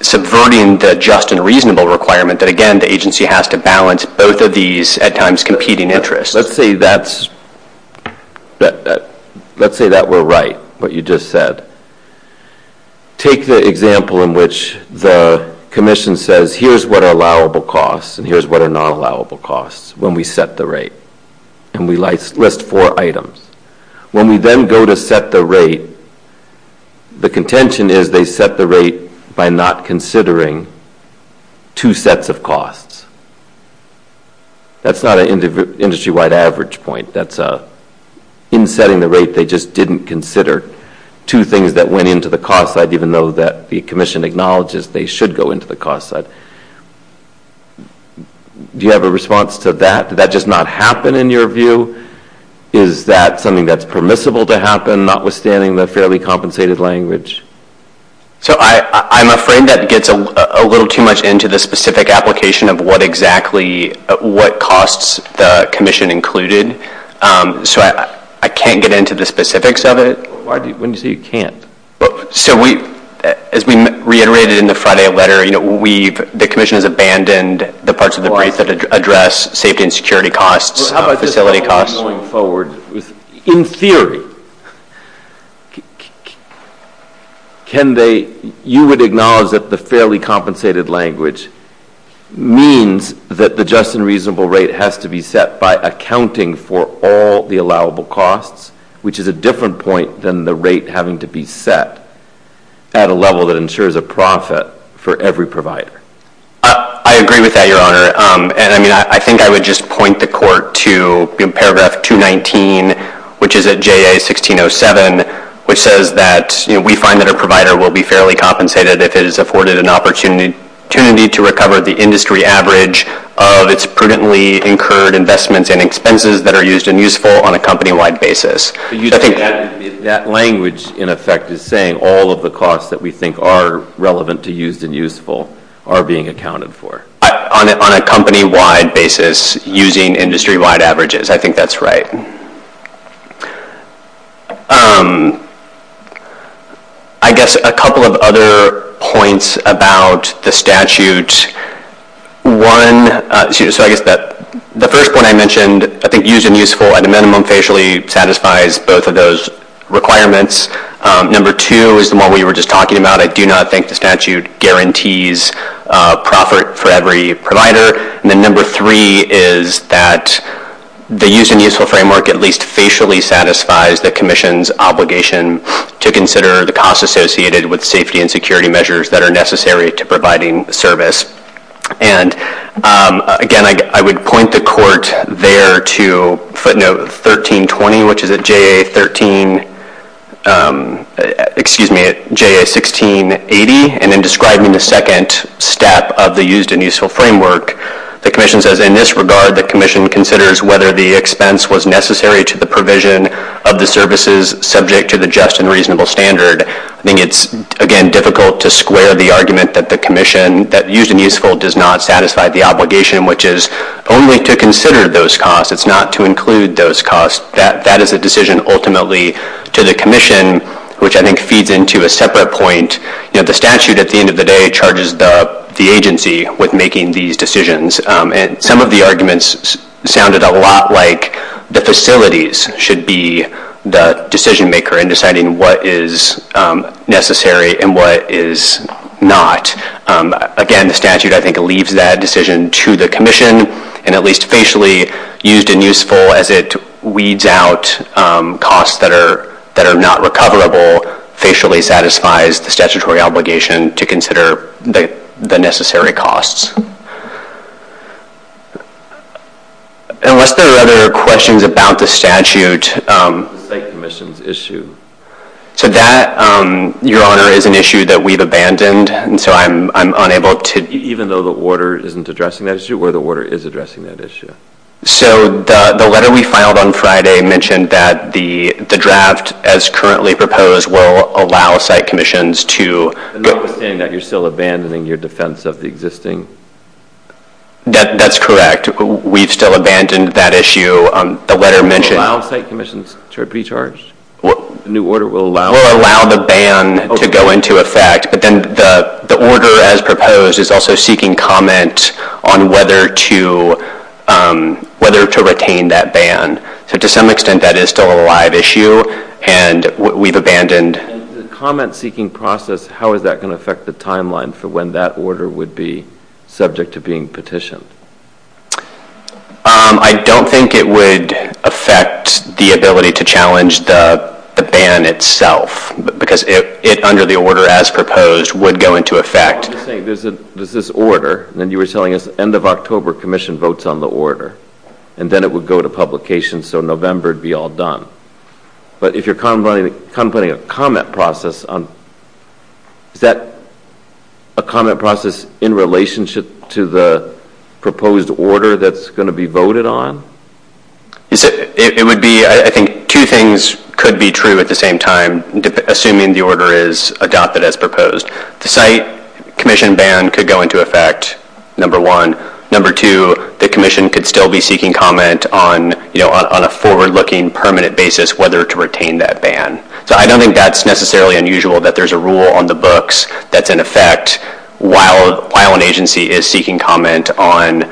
subverting the just and reasonable requirement that, again, the agency has to balance both of these at times competing interests. Let's say that we're right, what you just said. Take the example in which the commission says, here's what are allowable costs and here's what are not allowable costs when we set the rate, and we list four items. When we then go to set the rate, the contention is they set the rate by not considering two sets of costs. That's not an industry-wide average point. In setting the rate, they just didn't consider two things that went into the cost side, even though the commission acknowledges they should go into the cost side. Do you have a response to that? Did that just not happen in your view? Is that something that's permissible to happen, notwithstanding the fairly compensated language? I'm afraid that gets a little too much into the specific application of what costs the commission included, so I can't get into the specifics of it. As we reiterated in the Friday letter, the commission has abandoned the parts of the rate that address safety and security costs, facility costs. In theory, you would acknowledge that the fairly compensated language means that the just and reasonable rate has to be set by accounting for all the allowable costs, which is a different point than the rate having to be set at a level that ensures a profit for every provider. I agree with that, Your Honor. I think I would just point the court to paragraph 219, which is at JA1607, which says that we find that a provider will be fairly compensated if it has afforded an opportunity to recover the industry average of its prudently incurred investments and expenses that are used and useful on a company-wide basis. That language, in effect, is saying all of the costs that we think are relevant to used and useful are being accounted for. On a company-wide basis, using industry-wide averages. I think that's right. I guess a couple of other points about the statute. One, the first one I mentioned, I think used and useful at a minimum usually satisfies both of those requirements. Number two is the one we were just talking about. I do not think the statute guarantees profit for every provider. Number three is that the used and useful framework at least facially satisfies the Commission's obligation to consider the costs associated with safety and security measures that are necessary to providing service. Again, I would point the court there to footnote 1320, which is at J.A. 1680, and then describing the second step of the used and useful framework. The Commission says, in this regard, the Commission considers whether the expense was necessary to the provision of the services subject to the just and reasonable standard. I think it's, again, difficult to square the argument that the Commission, that used and useful does not satisfy the obligation, which is only to consider those costs. It's not to include those costs. That is a decision ultimately to the Commission, which I think feeds into a separate point. The statute, at the end of the day, charges the agency with making these decisions. Some of the arguments sounded a lot like the facilities should be the decision maker in deciding what is necessary and what is not. Again, the statute, I think, leaves that decision to the Commission and, at least facially, used and useful as it weeds out costs that are not recoverable, facially satisfies the statutory obligation to consider the necessary costs. Unless there are other questions about the statute... Thank you, Mr. Issue. So that, Your Honor, is an issue that we've abandoned, and so I'm unable to... Even though the Order isn't addressing that issue, or the Order is addressing that issue. So the letter we filed on Friday mentioned that the draft, as currently proposed, will allow site commissions to... I don't understand that. You're still abandoning your defense of the existing... That's correct. We've still abandoned that issue. The letter mentioned... Allow site commissions to be charged? The new Order will allow... Will allow the ban to go into effect, but then the Order, as proposed, is also seeking comment on whether to retain that ban. So, to some extent, that is still a live issue, and we've abandoned... The comment-seeking process, how is that going to affect the timeline for when that Order would be subject to being petitioned? I don't think it would affect the ability to challenge the ban itself, because it, under the Order as proposed, would go into effect. I'm just saying, there's this Order, and then you were telling us end of October, commission votes on the Order, and then it would go to publication, so November would be all done. But if you're contemplating a comment process on... Is that a comment process in relationship to the proposed Order that's going to be voted on? It would be... I think two things could be true at the same time, assuming the Order is adopted as proposed. The site commission ban could go into effect, number one. Number two, the commission could still be seeking comment on a forward-looking, permanent basis whether to retain that ban. So I don't think that's necessarily unusual, that there's a rule on the books that's in effect while an agency is seeking comment on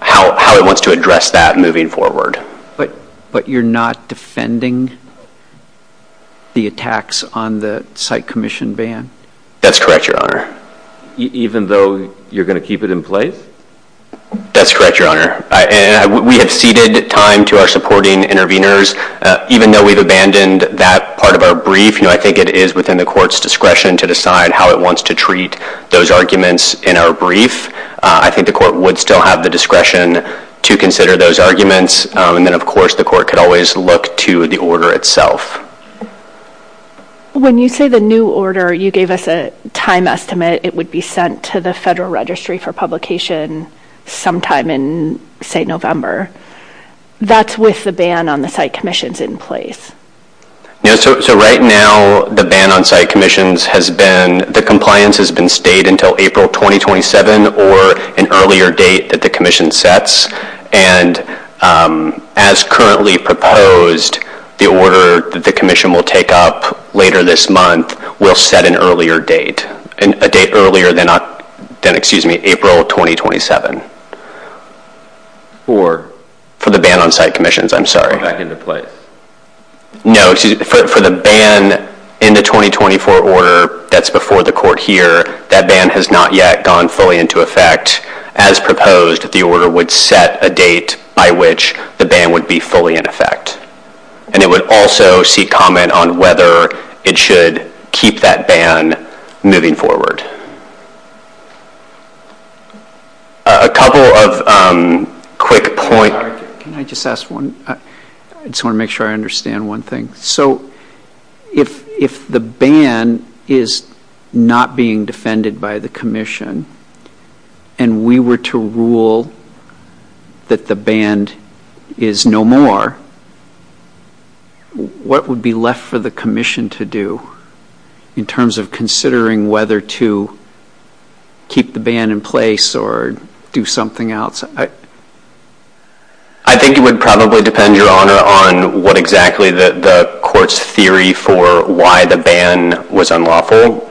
how it wants to address that moving forward. But you're not defending the attacks on the site commission ban? That's correct, Your Honor. Even though you're going to keep it in place? That's correct, Your Honor. And we have ceded time to our supporting interveners. Even though we've abandoned that part of our brief, I think it is within the Court's discretion to decide how it wants to treat those arguments in our brief. I think the Court would still have the discretion to consider those arguments. And then, of course, the Court could always look to the Order itself. When you say the new Order, you gave us a time estimate it would be sent to the Federal Registry for publication sometime in, say, November. That's with the ban on the site commissions in place. So right now, the ban on site commissions has been... The compliance has been stayed until April 2027 or an earlier date that the commission sets. And as currently proposed, the Order that the commission will take up later this month will set an earlier date, a date earlier than April 2027. For? For the ban on site commissions. I'm sorry. No, excuse me. For the ban in the 2024 Order that's before the Court here, that ban has not yet gone fully into effect. As proposed, the Order would set a date by which the ban would be fully in effect. And it would also seek comment on whether it should keep that ban moving forward. A couple of quick points. Can I just ask one? I just want to make sure I understand one thing. So if the ban is not being defended by the commission and we were to rule that the ban is no more, what would be left for the commission to do in terms of considering whether to keep the ban in place or do something else? I think it would probably depend, Your Honor, on what exactly the Court's theory for why the ban was unlawful.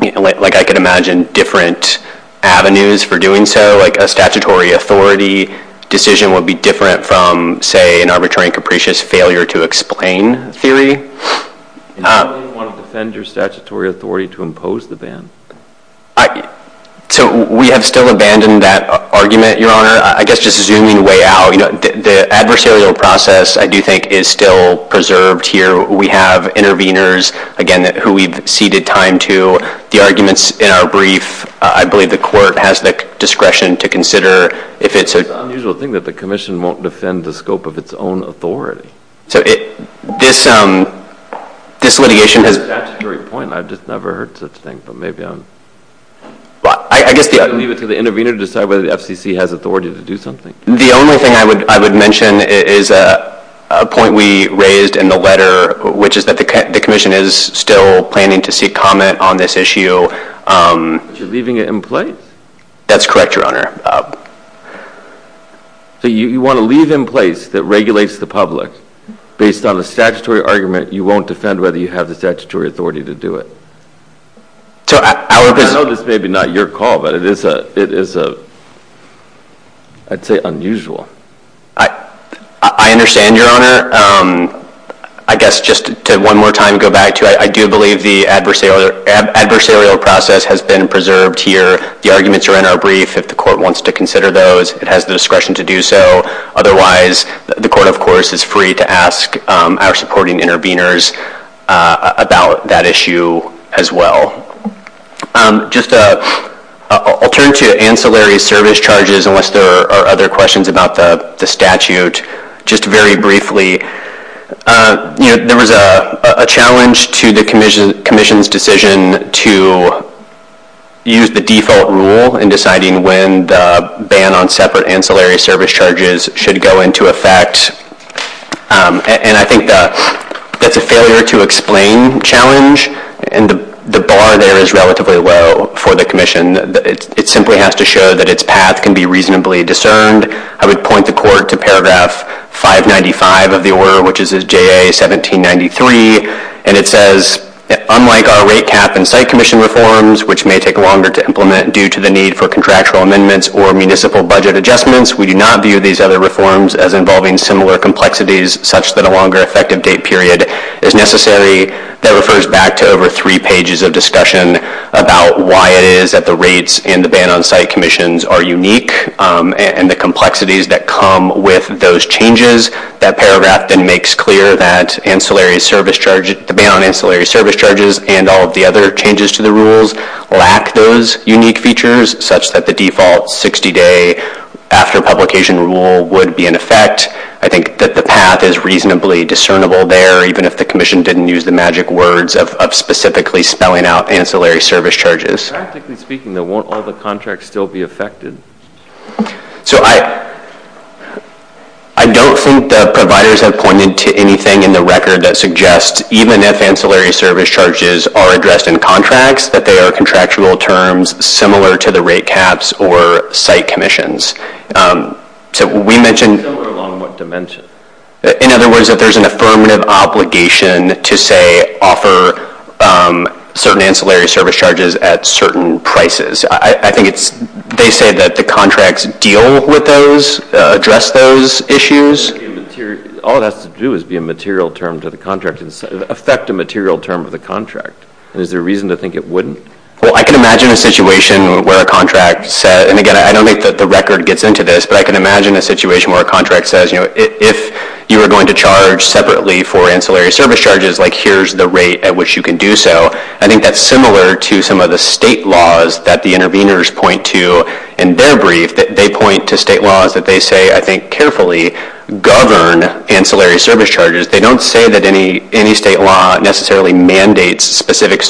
Like I can imagine different avenues for doing so, like a statutory authority decision would be different from, say, an arbitrary and capricious failure to explain theory. You don't want to defend your statutory authority to impose the ban. So we have still abandoned that argument, Your Honor. I guess just zooming way out, the adversarial process, I do think, is still preserved here. We have interveners, again, who we've ceded time to. The arguments in our brief, I believe the Court has the discretion to consider if it's a… It's an unusual thing that the commission won't defend the scope of its own authority. So this litigation has… That's a very good point. I've just never heard such a thing, but maybe I'm… Well, I guess the… It's up to the intervener to decide whether the FCC has authority to do something. The only thing I would mention is a point we raised in the letter, which is that the commission is still planning to seek comment on this issue. You're leaving it in place? That's correct, Your Honor. So you want to leave it in place that regulates the public. Based on a statutory argument, you won't defend whether you have the statutory authority to do it. I know this may be not your call, but it is… I'd say unusual. I understand, Your Honor. I guess just to one more time go back to it, I do believe the adversarial process has been preserved here. The arguments are in our brief. If the Court wants to consider those, it has the discretion to do so. Otherwise, the Court, of course, is free to ask our supporting interveners about that issue as well. I'll turn to ancillary service charges unless there are other questions about the statute. Just very briefly, there was a challenge to the commission's decision to use the default rule in deciding when the ban on separate ancillary service charges should go into effect. I think that's a failure to explain challenge, and the bar there is relatively low for the commission. It simply has to show that its path can be reasonably discerned. I would point the Court to paragraph 595 of the order, which is JA 1793. It says, unlike our rate cap and site commission reforms, which may take longer to implement due to the need for contractual amendments or municipal budget adjustments, we do not view these other reforms as involving similar complexities such that a longer effective date period is necessary. That refers back to over three pages of discussion about why it is that the rates in the ban on site commissions are unique and the complexities that come with those changes. That paragraph then makes clear that the ban on ancillary service charges and all of the other changes to the rules lack those unique features such that the default 60-day after-publication rule would be in effect. I think that the path is reasonably discernible there, even if the commission didn't use the magic words of specifically spelling out ancillary service charges. I think in speaking, won't all the contracts still be affected? I don't think the providers have pointed to anything in the record that suggests, even if ancillary service charges are addressed in contracts, that they are contractual terms similar to the rate caps or site commissions. So we mentioned that there's an affirmative obligation to, say, offer certain ancillary service charges at certain prices. I think they say that the contracts deal with those, address those issues. All it has to do is be a material term to the contract and affect the material term of the contract. Is there reason to think it wouldn't? I can imagine a situation where a contract says, and again I don't think that the record gets into this, but I can imagine a situation where a contract says, if you are going to charge separately for ancillary service charges, here's the rate at which you can do so. I think that's similar to some of the state laws that the interveners point to in their brief. They point to state laws that they say, I think, carefully govern ancillary service charges. They don't say that any state law necessarily mandates specific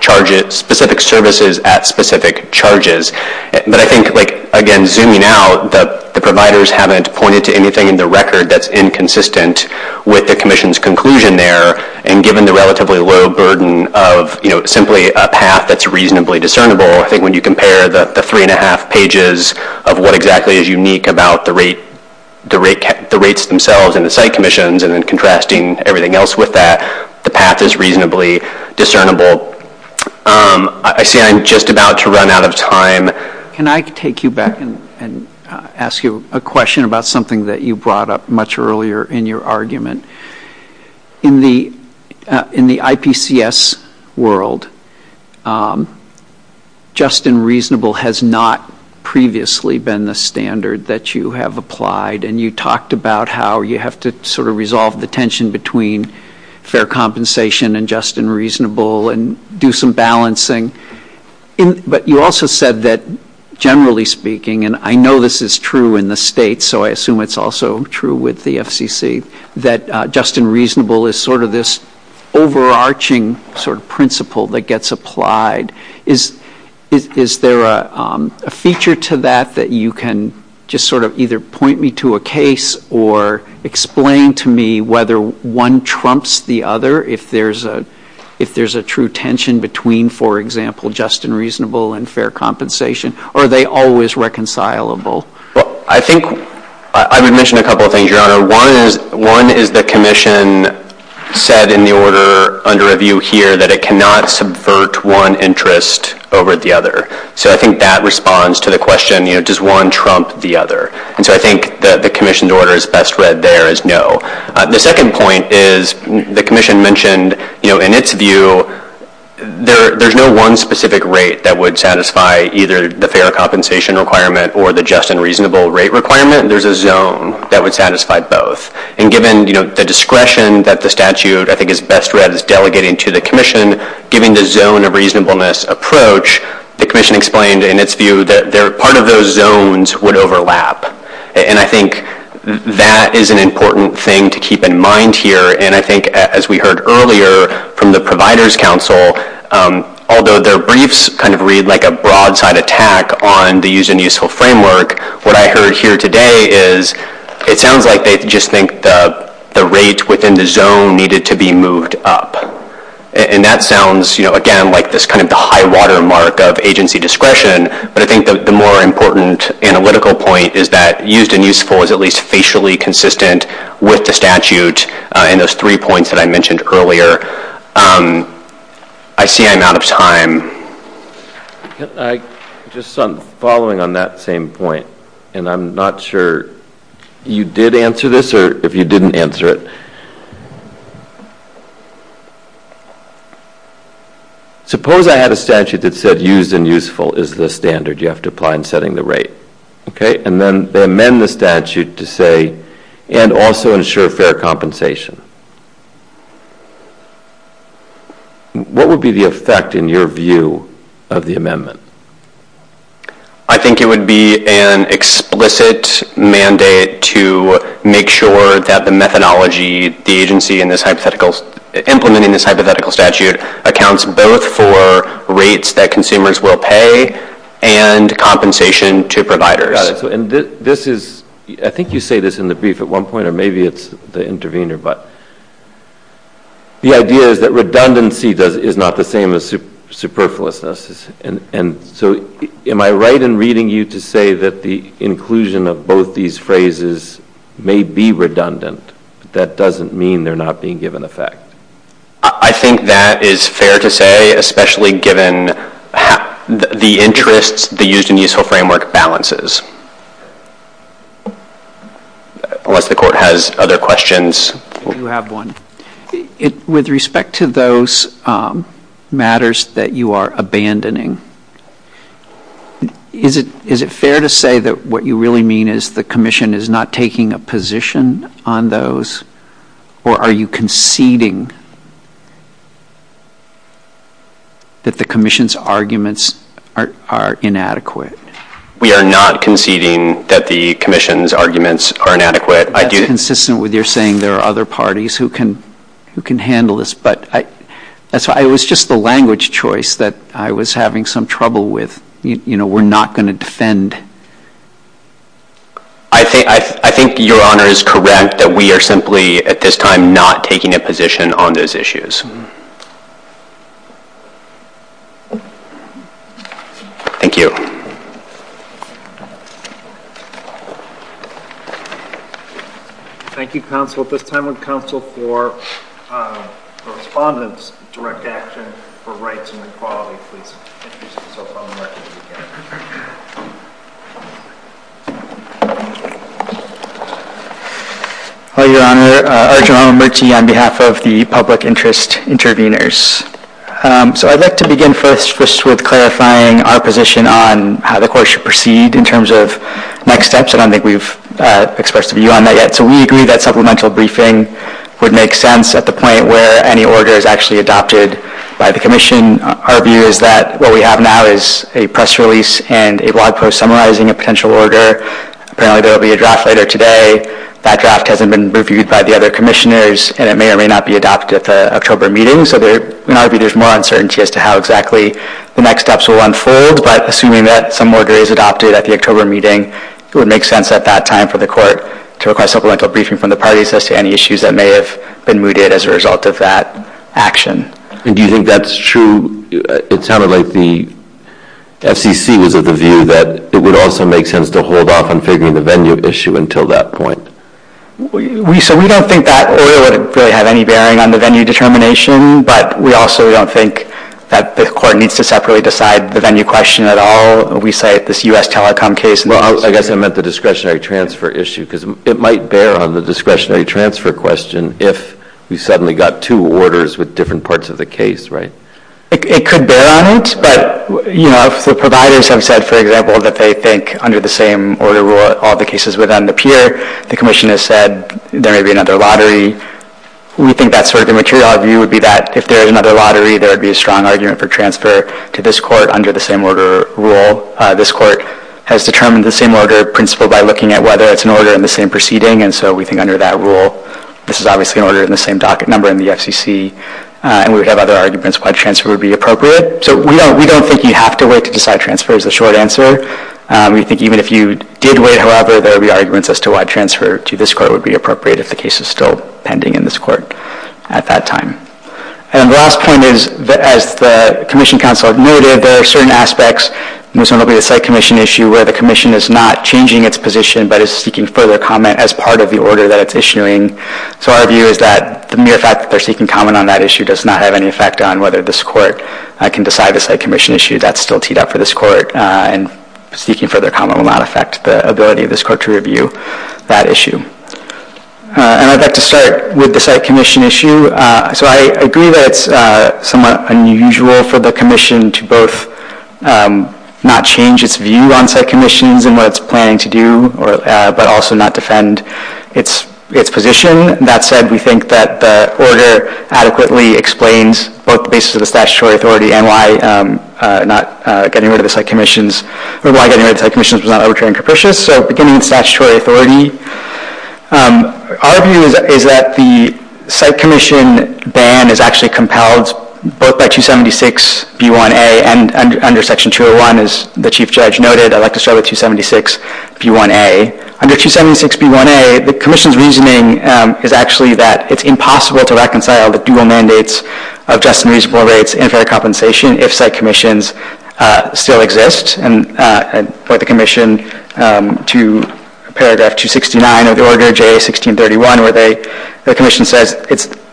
charges, specific services at specific charges. But I think, again, zooming out, the providers haven't pointed to anything in the record that's inconsistent with the commission's conclusion there. And given the relatively low burden of simply a path that's reasonably discernible, I think when you compare the three-and-a-half pages of what exactly is unique about the rates themselves and the site commissions and then contrasting everything else with that, the path is reasonably discernible. I see I'm just about to run out of time. Can I take you back and ask you a question about something that you brought up much earlier in your argument? In the IPCS world, just and reasonable has not previously been the standard that you have applied. And you talked about how you have to sort of resolve the tension between fair compensation and just and reasonable and do some balancing. But you also said that, generally speaking, and I know this is true in the state, so I assume it's also true with the FCC, that just and reasonable is sort of this overarching sort of principle that gets applied. Is there a feature to that that you can just sort of either point me to a case or explain to me whether one trumps the other if there's a true tension between, for example, just and reasonable and fair compensation? Or are they always reconcilable? I would mention a couple of things, Your Honor. One is the commission said in the order under review here that it cannot subvert one interest over the other. So I think that responds to the question, you know, does one trump the other? And so I think the commission's order is best read there as no. The second point is the commission mentioned, you know, in its view there's no one specific rate that would satisfy either the fair compensation requirement or the just and reasonable rate requirement. There's a zone that would satisfy both. And given, you know, the discretion that the statute I think is best read as a just and reasonableness approach, the commission explained in its view that part of those zones would overlap. And I think that is an important thing to keep in mind here. And I think as we heard earlier from the Provider's Council, although their briefs kind of read like a broadside attack on the use and useful framework, what I heard here today is it sounds like they just think the rates within the zone needed to be moved up. And that sounds, you know, again, like this kind of high-water mark of agency discretion, but I think the more important analytical point is that used and useful is at least facially consistent with the statute in those three points that I mentioned earlier. I see I'm out of time. Just following on that same point, and I'm not sure you did answer this if you didn't answer it, suppose I had a statute that said used and useful is the standard you have to apply in setting the rate, okay? And then they amend the statute to say and also ensure fair compensation. What would be the effect in your view of the amendment? I think it would be an explicit mandate to make sure that the methodology the agency implemented in this hypothetical statute accounts both for rates that consumers will pay and compensation to providers. I think you say this in the brief at one point, or maybe it's the intervener, but the idea is that redundancy is not the same as superfluousness. So am I right in reading you to say that the inclusion of both these phrases may be redundant, but that doesn't mean they're not being given effect? I think that is fair to say, especially given the interest the used and useful framework balances, unless the Court has other questions. You have one. With respect to those matters that you are abandoning, is it fair to say that what you really mean is the Commission is not taking a position on those, or are you conceding that the Commission's arguments are inadequate? We are not conceding that the Commission's arguments are inadequate. That's consistent with your saying there are other parties who can handle this, but it was just the language choice that I was having some trouble with. We're not going to defend. I think your Honor is correct that we are simply, at this time, not taking a position on those issues. Thank you. Thank you, Counsel. At this time, would Counsel for Respondents, direct action for rights and equality, please introduce yourself on the record. Hello, Your Honor. Arjun Ramamurti on behalf of the Public Interest Intervenors. So I'd like to begin first with clarifying our position on how the Court should proceed in terms of next steps. I don't think we've expressed a view on that yet. So we agree that supplemental briefing would make sense at the point where any order is actually adopted by the Commission. Our view is that what we have now is a press release and a blog post summarizing a potential order. Apparently there will be a draft later today. That draft hasn't been reviewed by the other Commissioners, and it may or may not be adopted at the October meeting. So in our view, there's more uncertainty as to how exactly the next steps will unfold, but assuming that some order is adopted at the October meeting, it would make sense at that time for the Court to request supplemental briefing from the parties as to any issues that may have been mooted as a result of that action. Do you think that's true? It sounded like the FCC was of the view that it would also make sense to hold off on figuring the venue issue until that point. So we don't think that would really have any bearing on the venue determination, but we also don't think that the Court needs to separately decide the venue question at all. We cite this U.S. Telecom case. Well, I guess I meant the discretionary transfer issue, because it might bear on the discretionary transfer question if we suddenly got two orders with different parts of the case, right? It could bear on it, but if the providers have said, for example, that they think under the same order rule all the cases would then appear, the Commission has said there may be another lottery, we think that sort of immaterial view would be that if there is another lottery, there would be a strong argument for transfer to this Court under the same order rule. This Court has determined the same order principle by looking at whether it's an order in the same proceeding, and so we think under that rule, this is obviously an order in the same docket number in the FCC, and we would have other arguments why transfer would be appropriate. So we don't think you have to wait to decide transfer is the short answer. We think even if you did wait, however, there would be arguments as to why transfer to this Court would be appropriate if the case is still pending in this Court at that time. And the last point is, as the Commission counsel admitted, there are certain aspects, and this one will be the site commission issue, where the Commission is not changing its position but is seeking further comment as part of the order that it's issuing. So our view is that the mere fact that they're seeking comment on that issue does not have any effect on whether this Court can decide the site commission issue. That's still teed up for this Court, and seeking further comment will not affect the ability of this Court to review that issue. And I'd like to start with the site commission issue. So I agree that it's somewhat unusual for the Commission to both not change its view on site commissions and what it's planning to do, but also not defend its position. That said, we think that the order adequately explains both the basis of the statutory authority and why getting rid of the site commissions was not arbitrary and capricious. So beginning with statutory authority, our view is that the site commission ban is actually compelled both by 276B1A and under Section 201, as the Chief Judge noted. I'd like to start with 276B1A. Under 276B1A, the Commission's reasoning is actually that it's impossible to reconcile the dual mandates of just and reasonable rates and fair compensation if site commissions still exist. And I point the Commission to paragraph 269 of the order, JA1631, where the Commission says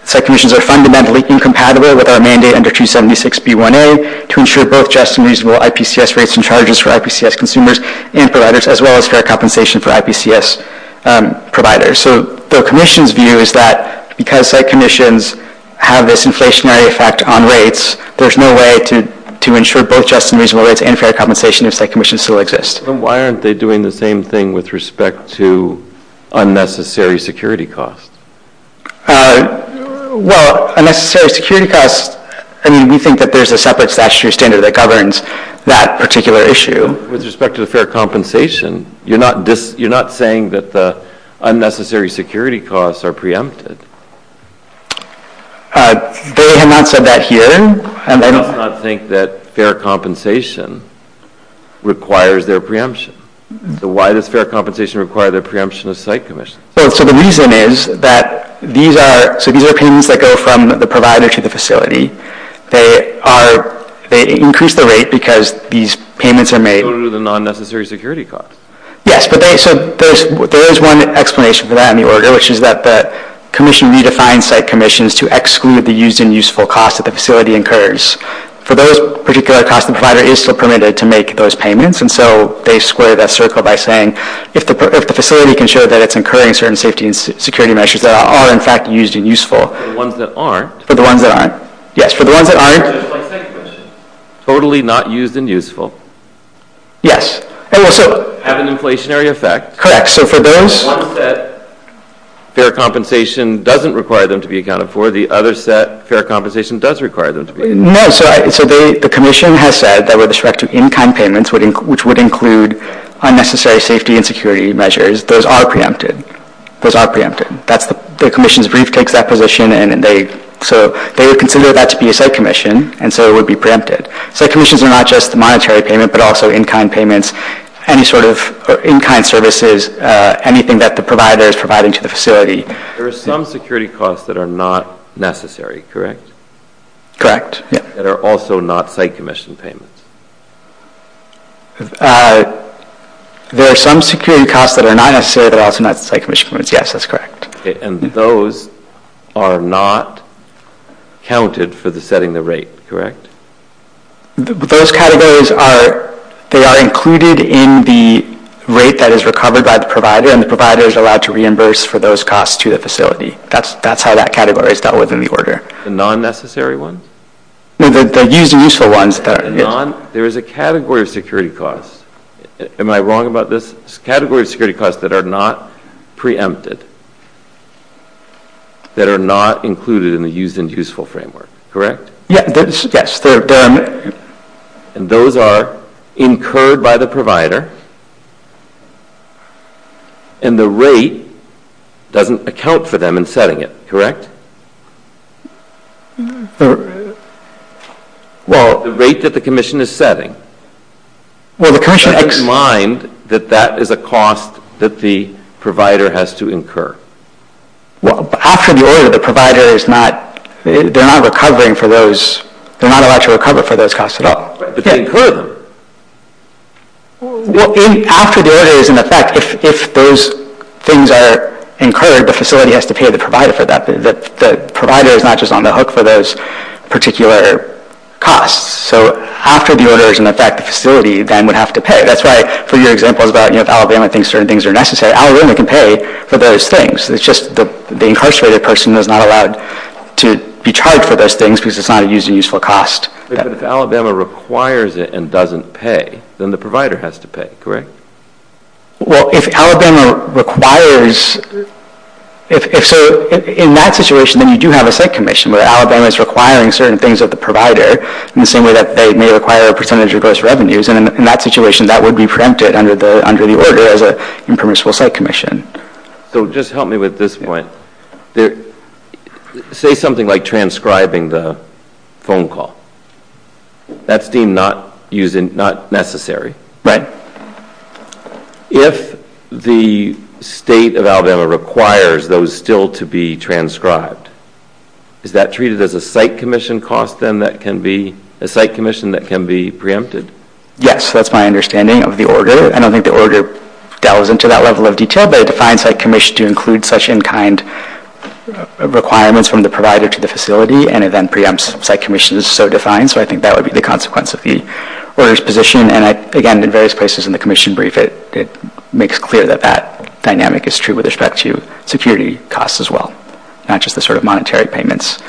site commissions are fundamentally incompatible with our mandate under 276B1A to ensure both just and reasonable IPCS rates and charges for IPCS consumers and providers, as well as fair compensation for IPCS providers. So the Commission's view is that because site commissions have this inflationary effect on rates, there's no way to ensure both just and reasonable rates and fair compensation if site commissions still exist. Why aren't they doing the same thing with respect to unnecessary security costs? Well, unnecessary security costs, we think that there's a separate statutory standard that governs that particular issue. With respect to the fair compensation, you're not saying that the unnecessary security costs are preempted. They have not said that here. And they do not think that fair compensation requires their preemption. So why does fair compensation require the preemption of site commissions? So the reason is that these are payments that go from the provider to the facility. They increase the rate because these payments are made. So there's a non-necessary security cost. Yes, but there is one explanation for that in the order, which is that the Commission redefines site commissions to exclude the used and useful costs that the facility incurs. For those, a particular cost provider is still permitted to make those payments, and so they square that circle by saying if the facility can show that it's incurring certain safety and security measures that are, in fact, used and useful. For the ones that aren't. For the ones that aren't. Yes, for the ones that aren't. Totally not used and useful. Yes. And also have an inflationary effect. Correct. So for those, one set, fair compensation doesn't require them to be accounted for. The other set, fair compensation does require them to be. No, so the Commission has said that with respect to income payments, which would include unnecessary safety and security measures, those are preempted. Those are preempted. The Commission's brief takes that position, and so they would consider that to be a site commission, and so it would be preempted. Site commissions are not just the monetary payment, but also in-kind payments, any sort of in-kind services, anything that the provider is providing to the facility. There are some security costs that are not necessary, correct? Correct. That are also not site commission payments. There are some security costs that are not necessary, but also not site commission payments. Yes, that's correct. And those are not counted for setting the rate, correct? Those categories are included in the rate that is recovered by the provider, and the provider is allowed to reimburse for those costs to the facility. That's how that category is dealt with in the order. The non-necessary ones? The used and useful ones. There is a category of security costs. Am I wrong about this? Category of security costs that are not preempted, that are not included in the used and useful framework, correct? Yes. And those are incurred by the provider, and the rate doesn't account for them in setting it, correct? No. Well, the rate that the commission is setting, keep in mind that that is a cost that the provider has to incur. Well, after the order, the provider is not, they're not recovering for those, they're not allowed to recover for those costs at all. But they incur them. After the order is in effect, if those things are incurred, the facility has to pay the provider for that. The provider is not just on the hook for those particular costs. So after the order is in effect, the facility then would have to pay. That's why, for your example, about if Alabama thinks certain things are necessary, Alabama can pay for those things. It's just the incarcerated person is not allowed to be charged for those things because it's not a used and useful cost. But if Alabama requires it and doesn't pay, then the provider has to pay, correct? Well, if Alabama requires, so in that situation then you do have a site commission, but Alabama is requiring certain things of the provider in the same way that they may require a percentage of those revenues. And in that situation, that would be preempted under the order as an impermissible site commission. So just help me with this one. Say something like transcribing the phone call. That's deemed not necessary. Right. If the state of Alabama requires those still to be transcribed, is that treated as a site commission cost then that can be, a site commission that can be preempted? Yes, that's my understanding of the order. I don't think the order delves into that level of detail, but it defines site commission to include such in kind requirements from the provider to the facility, and it then preempts site commission as so defined. So I think that would be the consequence of the order's position. And again, in various places in the commission brief, it makes clear that that dynamic is true with respect to security costs as well, not just the sort of monetary payments.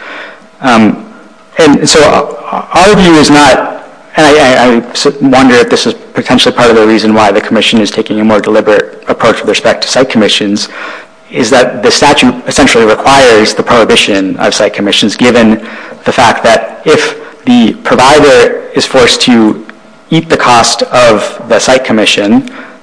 And so our view is not, and I wonder if this is potentially part of the reason why the commission is taking a more deliberate approach with respect to site commissions, is that the statute essentially requires the prohibition of site commissions given the fact that if the provider is forced to eat the cost of the site commission,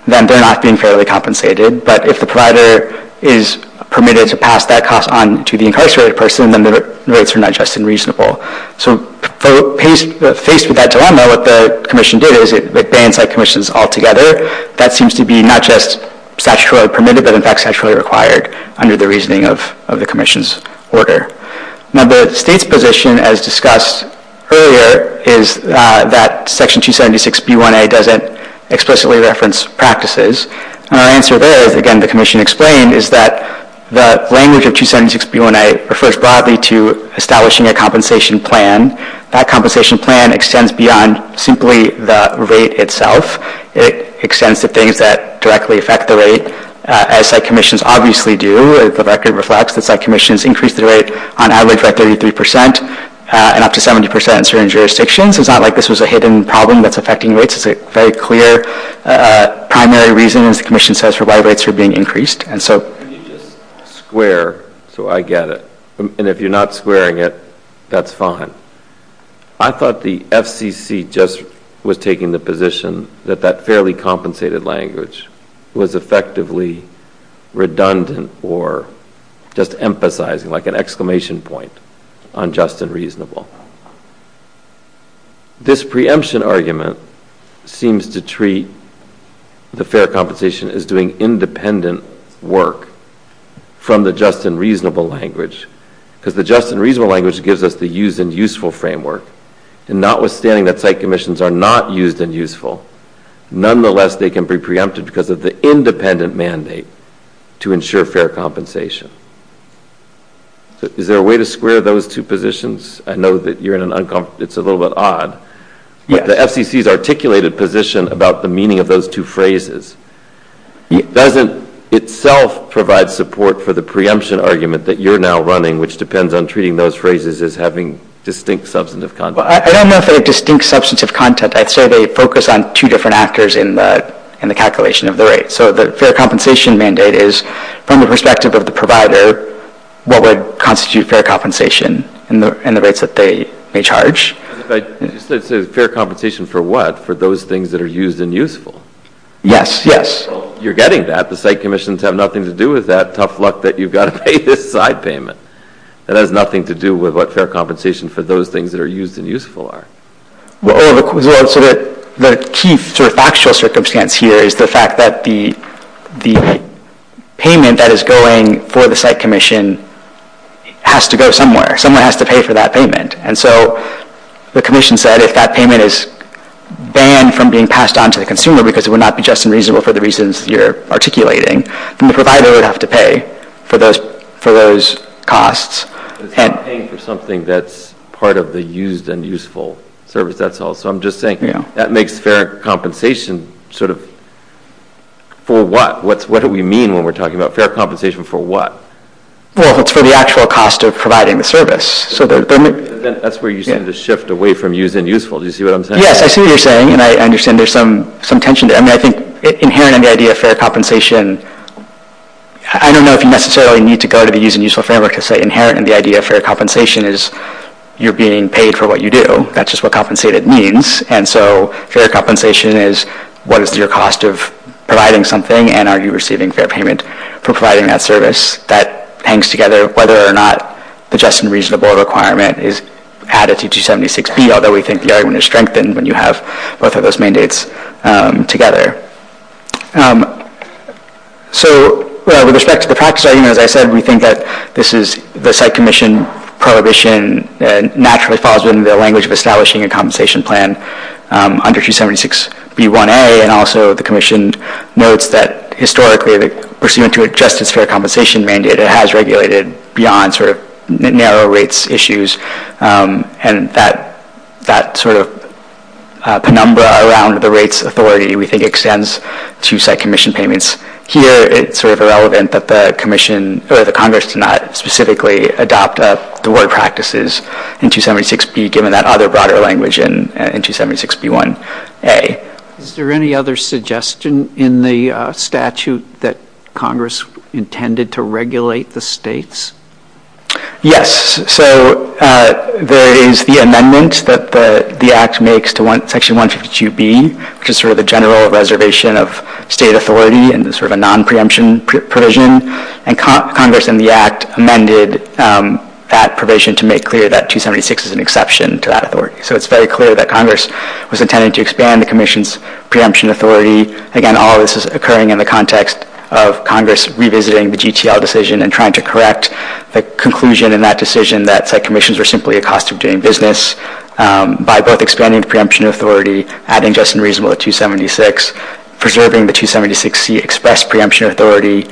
then they're not being fairly compensated, but if the provider is permitted to pass that cost on to the incarcerated person, then the rates are not just unreasonable. So faced with that dilemma, what the commission did is it banned site commissions altogether. That seems to be not just statutorily permitted, but in fact statutorily required under the reasoning of the commission's order. Now the state's position, as discussed earlier, is that Section 276B1A doesn't explicitly reference practices. And our answer there is, again, the commission explained, is that the language of 276B1A refers broadly to establishing a compensation plan. That compensation plan extends beyond simply the rate itself. It extends to things that directly affect the rate, as site commissions obviously do. It directly reflects that site commissions increase the rate on average at 33 percent and up to 70 percent in certain jurisdictions. It's not like this was a hidden problem that's affecting rates. It's a very clear primary reason, as the commission says, for why rates are being increased. And so you just square, so I get it. And if you're not squaring it, that's fine. I thought the FCC just was taking the position that that fairly compensated language was effectively redundant or just emphasizing like an exclamation point on just and reasonable. This preemption argument seems to treat the fair compensation as doing independent work from the just and reasonable language, because the just and reasonable language gives us the used and useful framework. And notwithstanding that site commissions are not used and useful, nonetheless they can be preempted because of the independent mandate to ensure fair compensation. Is there a way to square those two positions? I know that it's a little bit odd. The FCC's articulated position about the meaning of those two phrases doesn't itself provide support for the preemption argument that you're now running, which depends on treating those phrases as having distinct substantive content. I don't know if they're distinct substantive content. I'd say they focus on two different actors in the calculation of the rates. So the fair compensation mandate is from the perspective of the provider, what would constitute fair compensation in the rates that they charge. Fair compensation for what? For those things that are used and useful. Yes, yes. You're getting that. The site commissions have nothing to do with that tough luck that you've got to pay this side payment. It has nothing to do with what fair compensation for those things that are used and useful are. The key factual circumstance here is the fact that the payment that is going for the site commission has to go somewhere. Someone has to pay for that payment. And so the commission said if that payment is banned from being passed on to the consumer because it would not be just and reasonable for the reasons you're articulating, then the provider would have to pay for those costs. Paying for something that's part of the used and useful service, that's all. So I'm just saying that makes fair compensation sort of for what? What do we mean when we're talking about fair compensation for what? Well, it's for the actual cost of providing the service. That's where you're saying the shift away from used and useful. Do you see what I'm saying? Yes, I see what you're saying, and I understand there's some tension there. I think inherent in the idea of fair compensation, I don't know if you necessarily need to go to the used and useful framework to say inherent in the idea of fair compensation is you're being paid for what you do. That's just what compensated means. And so fair compensation is what is your cost of providing something and are you receiving fair payment for providing that service. That hangs together whether or not the just and reasonable requirement is added to 276B, although we think the argument is strengthened when you have both of those mandates together. So with respect to the PAC study, as I said, we think that this is the site commission prohibition that naturally falls in the language of establishing a compensation plan under 276B1A, and also the commission notes that historically the pursuant to a justice fair compensation mandate, it has regulated beyond sort of narrow rates issues, and that sort of penumbra around the rates authority, we think extends to site commission payments here. It's sort of irrelevant that the commission or the Congress does not specifically adopt the work practices in 276B, given that other broader language in 276B1A. Is there any other suggestion in the statute that Congress intended to regulate the states? Yes. So there is the amendments that the Act makes to Section 152B, which is sort of the general reservation of state authority and sort of a non-preemption provision, and Congress in the Act amended that provision to make clear that 276 is an exception to that authority. So it's very clear that Congress was intended to expand the commission's preemption authority. Again, all of this is occurring in the context of Congress revisiting the GTL decision and trying to correct the conclusion in that decision that site commissions were simply a cost of doing business. By both expanding the preemption authority, adding just and reasonable to 276, preserving the 276C express preemption authority,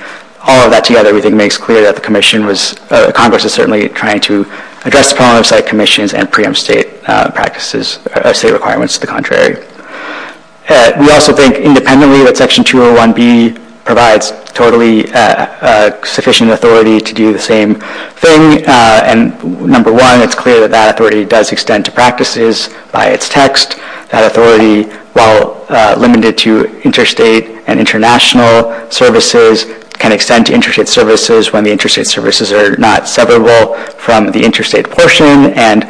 all of that together I think makes clear that the commission was – Congress was certainly trying to address the problem of site commissions and preempt state practices, state requirements to the contrary. We also think independently that Section 201B provides totally sufficient authority to do the same thing, and number one, it's clear that that authority does extend to practices by its text. That authority, while limited to interstate and international services, can extend to interstate services when the interstate services are not severable from the interstate portion, and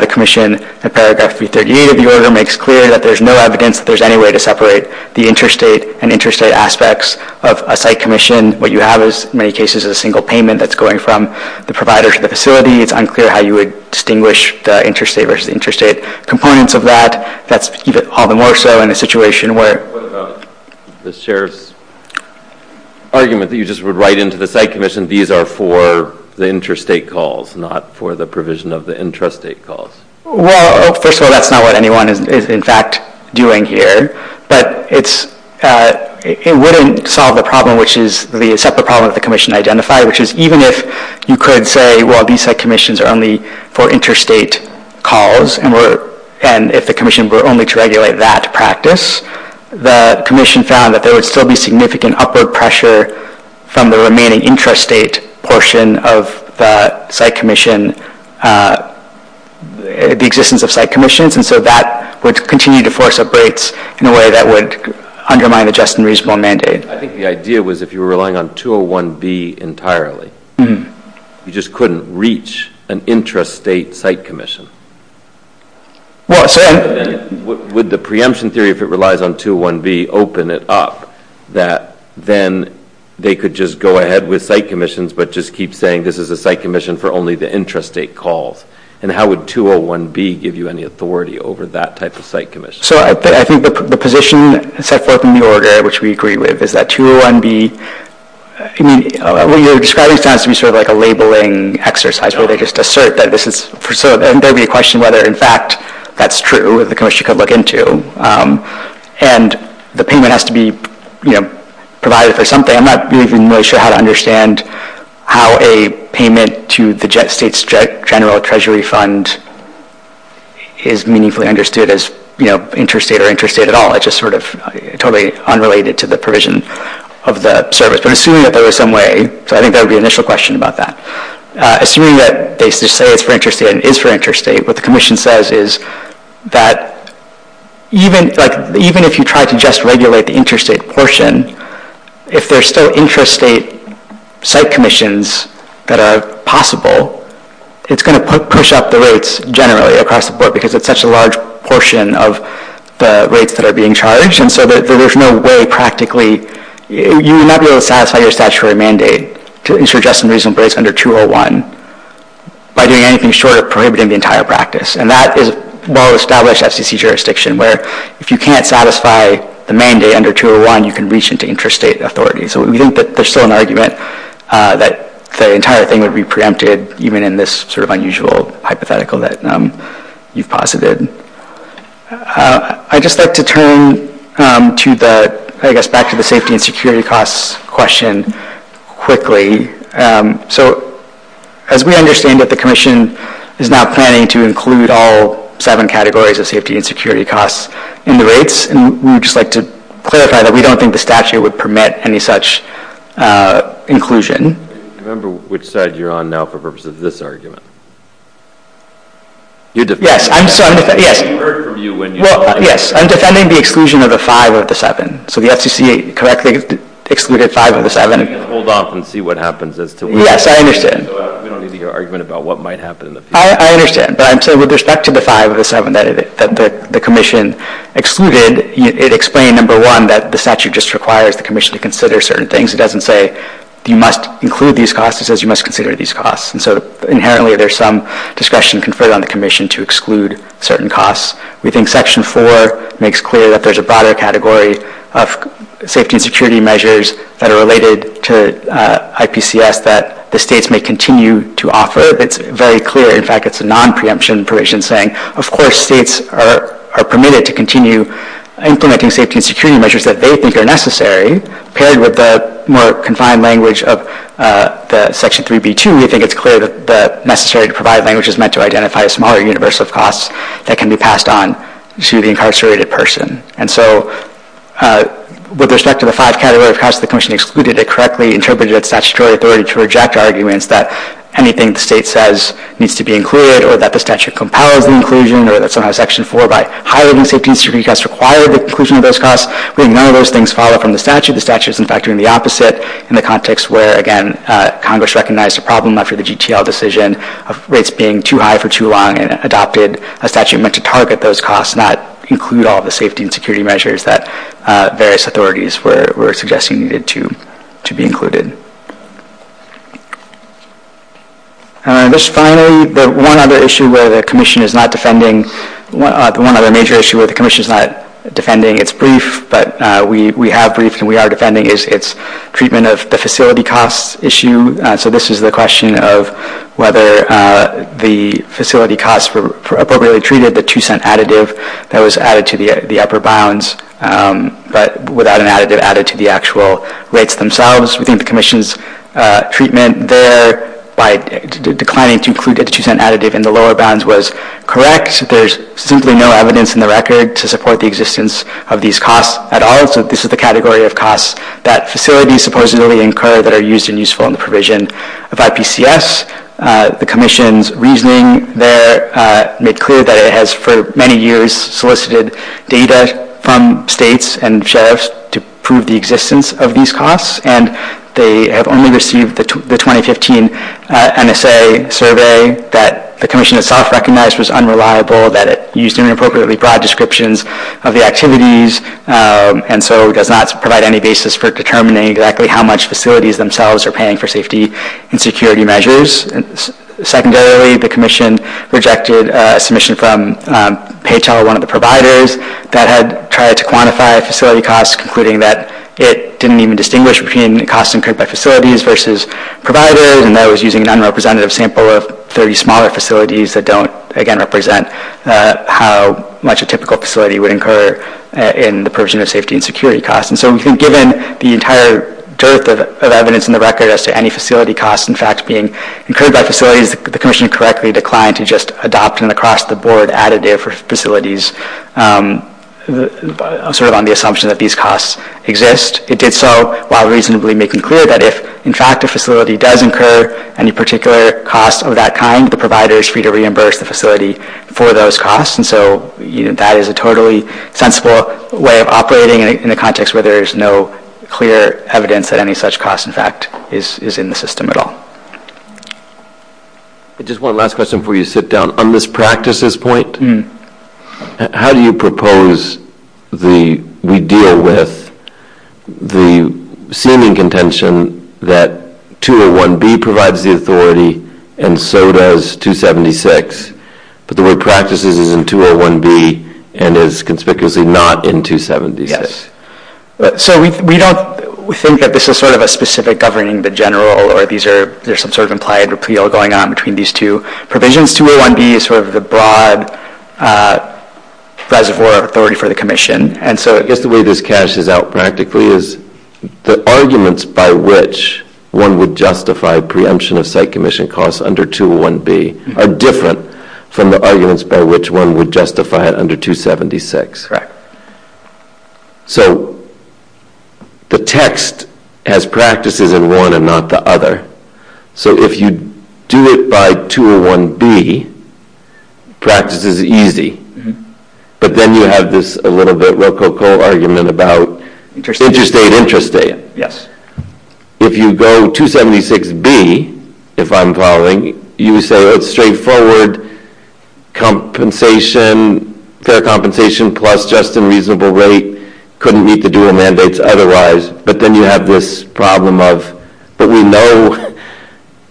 the commission in paragraph 338 of the order makes clear that there's no evidence that there's any way to separate the interstate and interstate aspects of a site commission. What you have in many cases is a single payment that's going from the provider to the facility. It's unclear how you would distinguish the interstate versus interstate components of that. That's all the more so in a situation where – What about the sheriff's argument that you just would write into the site commission these are for the interstate calls, not for the provision of the intrastate calls? Well, first of all, that's not what anyone is in fact doing here, but it wouldn't solve the problem, which is the separate problem that the commission identified, which is even if you could say, well, these site commissions are only for interstate calls, and if the commission were only to regulate that practice, the commission found that there would still be significant upward pressure from the remaining intrastate portion of the site commission, the existence of site commissions, and so that would continue to force a break in a way that would undermine the just and reasonable mandate. I think the idea was if you were relying on 201B entirely, you just couldn't reach an intrastate site commission. Would the preemption theory if it relies on 201B open it up, that then they could just go ahead with site commissions, but just keep saying this is a site commission for only the intrastate calls? And how would 201B give you any authority over that type of site commission? So I think the position set forth in the order, which we agree with, is that 201B, when you're describing it, it sounds to me sort of like a labeling exercise where they just assert that this is, and there would be a question whether in fact that's true, if the commission could look into, and the payment has to be provided for something. I'm not really sure how to understand how a payment to the state's general treasury fund is meaningfully understood as intrastate or intrastate at all. It's just sort of totally unrelated to the provision of the service. But assuming that there was some way, so I think there would be an initial question about that. Assuming that they say it's for intrastate and it is for intrastate, what the commission says is that even if you try to just regulate the intrastate portion, if there's still intrastate site commissions that are possible, it's going to push up the rates generally across the board because it's such a large portion of the rates that are being charged. And so there's no way practically, you would not be able to satisfy your statutory mandate to interject some reasonable rates under 201 by doing anything short of prohibiting the entire practice. And that is well-established SEC jurisdiction where if you can't satisfy the mandate under 201, you can reach into intrastate authority. So we think that there's still an argument that the entire thing would be preempted even in this sort of unusual hypothetical that you've posited. I'd just like to turn to the, I guess back to the safety and security costs question quickly. So as we understand that the commission is not planning to include all seven categories of safety and security costs in the rates, and we would just like to clarify that we don't think the statute would permit any such inclusion. Remember which side you're on now for purposes of this argument. Yes, I'm defending the exclusion of the five of the seven. So the FCC correctly excluded five of the seven. Hold off and see what happens. Yes, I understand. We don't need your argument about what might happen. I understand. So with respect to the five of the seven that the commission excluded, it explained, number one, that the statute just requires the commission to consider certain things. It doesn't say you must include these costs. It says you must consider these costs. And so inherently there's some discussion conferred on the commission to exclude certain costs. We think Section 4 makes clear that there's a broader category of safety and security measures that are related to IPCS that the states may continue to offer. It's very clear, in fact, it's a non-preemption provision saying, of course states are permitted to continue implementing safety and security measures that they think are necessary. Paired with the more confined language of Section 3b.2, we think it's clear that necessary to provide language is meant to identify a smaller universe of costs that can be passed on to the incarcerated person. And so with respect to the five category of costs the commission excluded, it correctly interprets that statutory authority to reject arguments that anything the state says needs to be included or that the statute compiles the inclusion or that somehow Section 4, by highlighting safety and security, has required the inclusion of those costs. We think none of those things follow from the statute. The statute is, in fact, doing the opposite in the context where, again, Congress recognized a problem after the GTL decision of rates being too high for too long and adopted a statute meant to target those costs, not include all the safety and security measures that various authorities were suggesting needed to be included. And just finally, the one other issue where the commission is not defending, the one other major issue where the commission is not defending its brief, but we have briefs and we are defending, is its treatment of the facility costs issue. So this is the question of whether the facility costs were appropriately treated, the two-cent additive that was added to the upper bounds, but without an additive added to the actual rates themselves. We think the commission's treatment there by declining to include the two-cent additive in the lower bounds was correct. There's simply no evidence in the record to support the existence of these costs at all. So this is the category of costs that facilities supposedly incur that are used and useful in the provision of IPCS. The commission's reasoning there made clear that it has for many years solicited data from states and sheriffs to prove the existence of these costs, and they have only received the 2015 NSA survey that the commission itself recognized was unreliable, that it used inappropriately broad descriptions of the activities, and so it does not provide any basis for determining exactly how much facilities themselves are paying for safety and security measures. Secondarily, the commission rejected a submission from PHR, one of the providers, that had tried to quantify facility costs, concluding that it didn't even distinguish between costs incurred by facilities versus providers, and that it was using an unrepresentative sample of 30 smaller facilities that don't, again, in the provision of safety and security costs. And so we think given the entire dearth of evidence in the record as to any facility costs, in fact, being incurred by facilities, the commission correctly declined to just adopt an across-the-board additive for facilities, sort of on the assumption that these costs exist. It did so while reasonably making clear that if, in fact, a facility does incur any particular costs of that kind, the provider is free to reimburse the facility for those costs, and so that is a totally sensible way of operating in a context where there is no clear evidence that any such cost, in fact, is in the system at all. Just one last question before you sit down. On this practices point, how do you propose we deal with the seeming contention that 201B provides the authority and so does 276, but the word practices is in 201B and is conspicuously not in 276? So we don't think that this is sort of a specific governing the general, or there's some sort of implied repeal going on between these two provisions. 201B is sort of the broad reservoir of authority for the commission, and so I guess the way this cashes out practically is the arguments by which one would justify preemption of site commission costs under 201B are different from the arguments by which one would justify it under 276. Correct. So the text has practices in one and not the other, so if you do it by 201B, practice is easy, but then you have this a little bit rococo argument about interstate, interstate. Yes. If you go 276B, if I'm following, you said it's straightforward, compensation, fair compensation plus just a reasonable rate, couldn't need to do a mandate otherwise, but then you have this problem of that we know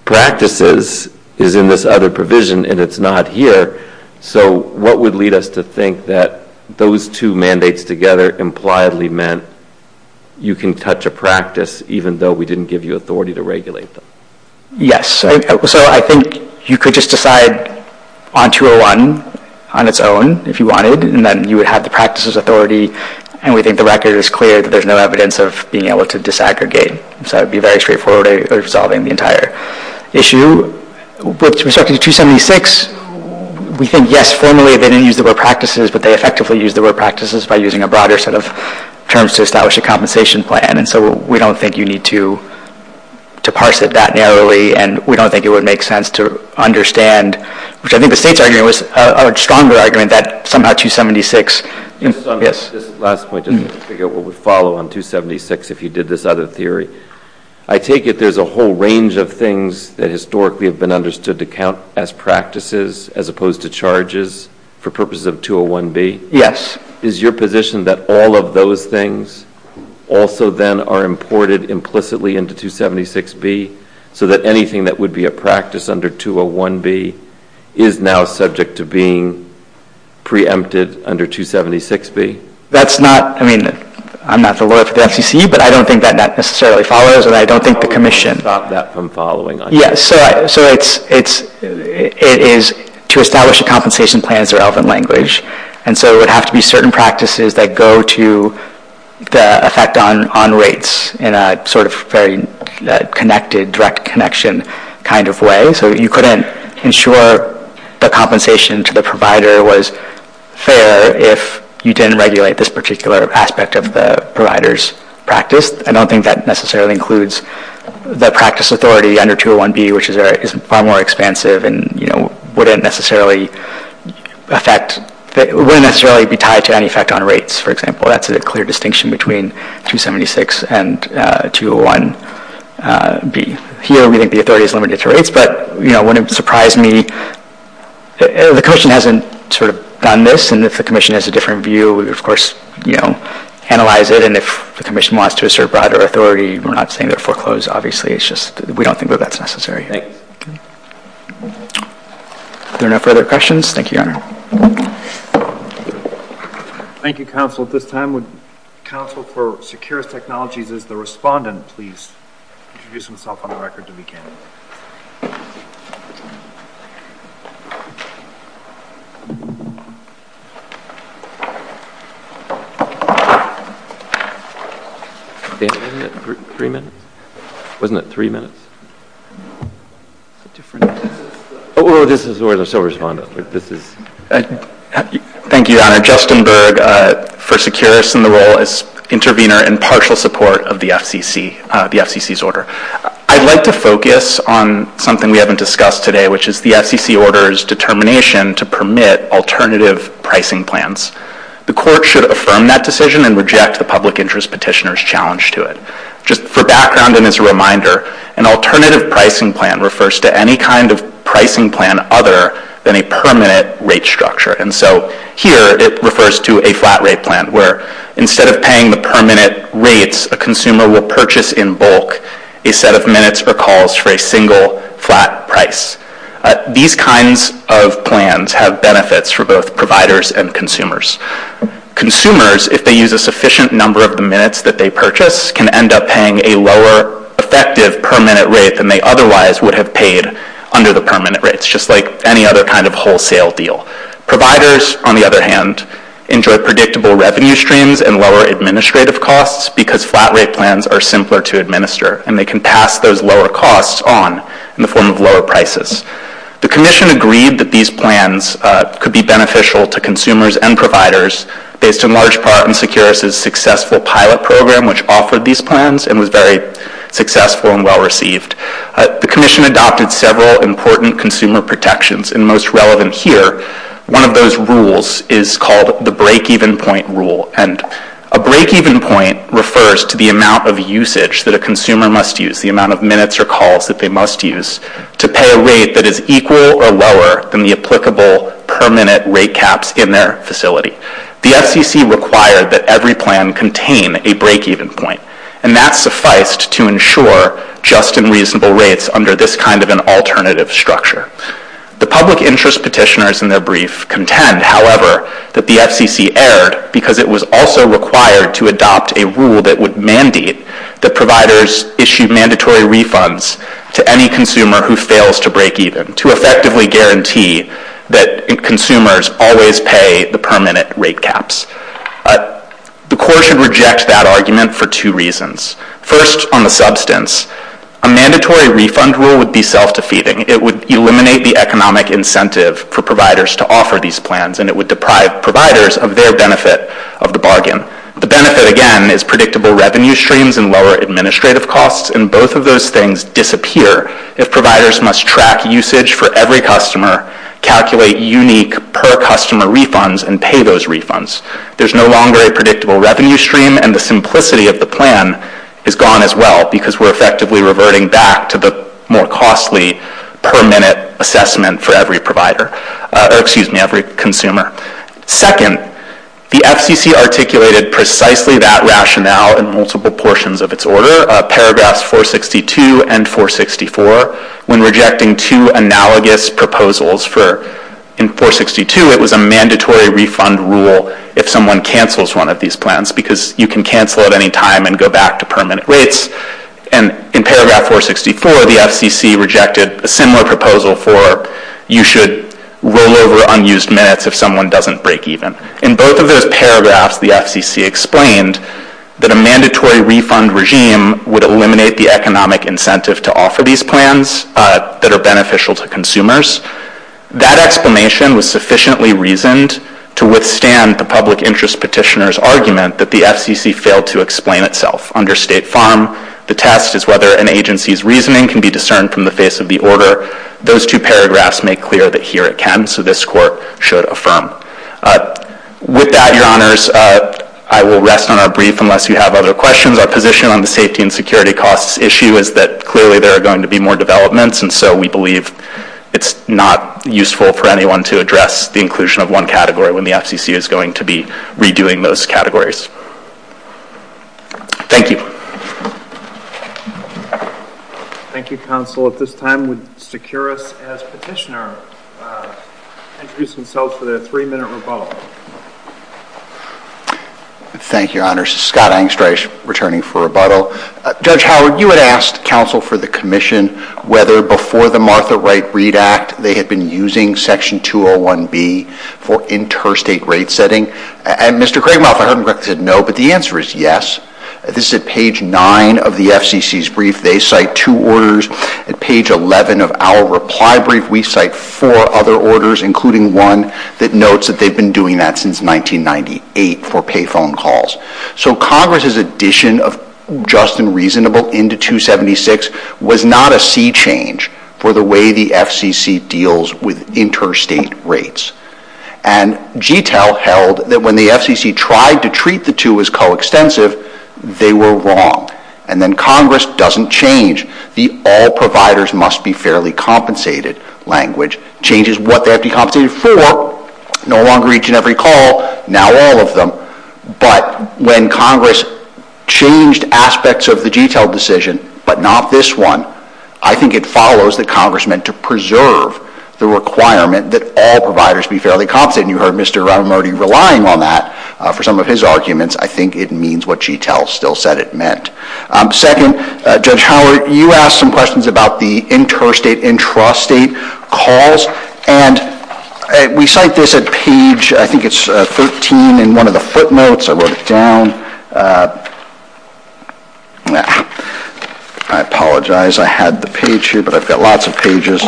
practices is in this other provision and it's not here, so what would lead us to think that those two mandates together impliedly meant you can touch a practice even though we didn't give you authority to regulate them? Yes. So I think you could just decide on 201 on its own if you wanted, and then you would have the practices authority, and we think the record is clear that there's no evidence of being able to disaggregate, so it would be very straightforward in resolving the entire issue. With respect to 276, we think, yes, formally they didn't use the word practices, but they effectively used the word practices by using a broader set of terms to establish a compensation plan, and so we don't think you need to parse it that narrowly, and we don't think it would make sense to understand, which I think the state's argument was a stronger argument, that somehow 276. Just on this last point, just to figure out what would follow on 276 if you did this out of theory, I take it there's a whole range of things that historically have been understood to count as practices as opposed to charges for purposes of 201B? Yes. Is your position that all of those things also then are imported implicitly into 276B so that anything that would be a practice under 201B is now subject to being preempted under 276B? I mean, I'm not the lawyer for the FCC, but I don't think that that necessarily follows, and I don't think the commission— How would you stop that from following? Yes, so it is to establish a compensation plan is a relevant language, and so it would have to be certain practices that go to the effect on rates in a sort of very connected, direct connection kind of way, so you couldn't ensure the compensation to the provider was fair if you didn't regulate this particular aspect of the provider's practice. I don't think that necessarily includes the practice authority under 201B, which is far more expansive and wouldn't necessarily be tied to any effect on rates, for example. That's a clear distinction between 276 and 201B. Here, we think the authority is limited to rates, but it wouldn't surprise me. The commission hasn't sort of done this, and if the commission has a different view, we would, of course, analyze it, and if the commission wants to assert broader authority, we're not saying they're foreclosed, obviously. It's just we don't think that that's necessary. Are there no further questions? Thank you. Thank you, counsel. At this time, would the Council for Secure Technologies, as the respondent, please introduce themselves on the record, if you can. Three minutes? Wasn't it three minutes? Oh, this is where the sole respondent is. Thank you, Your Honor. Justin Berg for Securus in the role as intervener in partial support of the FCC's order. I'd like to focus on something we haven't discussed today, which is the FCC order's determination to permit alternative pricing plans. The court should affirm that decision and reject the public interest petitioner's challenge to it. Just for background and as a reminder, an alternative pricing plan refers to any kind of pricing plan other than a permanent rate structure. And so here it refers to a flat rate plan, where instead of paying the permanent rates, a consumer will purchase in bulk a set of minutes or calls for a single flat price. These kinds of plans have benefits for both providers and consumers. Consumers, if they use a sufficient number of the minutes that they purchase, can end up paying a lower effective permanent rate than they otherwise would have paid under the permanent rates, just like any other kind of wholesale deal. Providers, on the other hand, enjoy predictable revenue streams and lower administrative costs because flat rate plans are simpler to administer, and they can pass those lower costs on in the form of lower prices. The commission agreed that these plans could be beneficial to consumers and providers based in large part on Securus's successful pilot program, which offered these plans and was very successful and well received. The commission adopted several important consumer protections, and most relevant here, one of those rules is called the break-even point rule. And a break-even point refers to the amount of usage that a consumer must use, the amount of minutes or calls that they must use, to pay a rate that is equal or lower than the applicable permanent rate caps in their facility. The FCC required that every plan contain a break-even point, and that sufficed to ensure just and reasonable rates under this kind of an alternative structure. The public interest petitioners in their brief contend, however, that the FCC erred because it was also required to adopt a rule that would mandate that providers issued mandatory refunds to any consumer who fails to break even, to effectively guarantee that consumers always pay the permanent rate caps. The court should reject that argument for two reasons. First, on the substance, a mandatory refund rule would be self-defeating. It would eliminate the economic incentive for providers to offer these plans, and it would deprive providers of their benefit of the bargain. The benefit, again, is predictable revenue streams and lower administrative costs, and both of those things disappear if providers must track usage for every customer, calculate unique per-customer refunds, and pay those refunds. There's no longer a predictable revenue stream, and the simplicity of the plan is gone as well because we're effectively reverting back to the more costly per-minute assessment for every consumer. Second, the FCC articulated precisely that rationale in multiple portions of its order. Paragraphs 462 and 464, when rejecting two analogous proposals for 462, it was a mandatory refund rule if someone cancels one of these plans because you can cancel at any time and go back to permanent rates. In paragraph 464, the FCC rejected a similar proposal for you should roll over unused minutes if someone doesn't break even. In both of those paragraphs, the FCC explained that a mandatory refund regime would eliminate the economic incentive to offer these plans that are beneficial to consumers. That explanation was sufficiently reasoned to withstand the public interest petitioner's argument that the FCC failed to explain itself. Under State Farm, the test is whether an agency's reasoning can be discerned from the face of the order. Those two paragraphs make clear that here it can, so this court should affirm. With that, Your Honors, I will rest on our brief unless you have other questions. Our position on the safety and security costs issue is that clearly there are going to be more developments, and so we believe it's not useful for anyone to address the inclusion of one category when the FCC is going to be redoing those categories. Thank you. Thank you, Counsel. At this time, the securist as petitioner will introduce himself for the three-minute rebuttal. Thank you, Your Honors. Scott Engstreich, returning for rebuttal. Judge Howard, you had asked Counsel for the commission whether before the Martha Wright Reid Act they had been using Section 201B for interstate rate setting, and Mr. Craigmouth, but the answer is yes. This is at page 9 of the FCC's brief. They cite two orders. At page 11 of our reply brief, we cite four other orders, including one that notes that they've been doing that since 1998 for payphone calls. So Congress's addition of just and reasonable into 276 was not a sea change for the way the FCC deals with interstate rates. And GTEL held that when the FCC tried to treat the two as coextensive, they were wrong. And then Congress doesn't change the all-providers-must-be-fairly-compensated language. Change is what they have to be compensated for, no longer each and every call, now all of them. But when Congress changed aspects of the GTEL decision, but not this one, I think it follows that Congress meant to preserve the requirement that all providers be fairly compensated. You heard Mr. Raimondi relying on that for some of his arguments. I think it means what GTEL still said it meant. Second, Judge Howard, you asked some questions about the interstate-intrastate calls, and we cite this at page, I think it's 13 in one of the footnotes. I wrote it down. I apologize, I had the page here, but I've got lots of pages.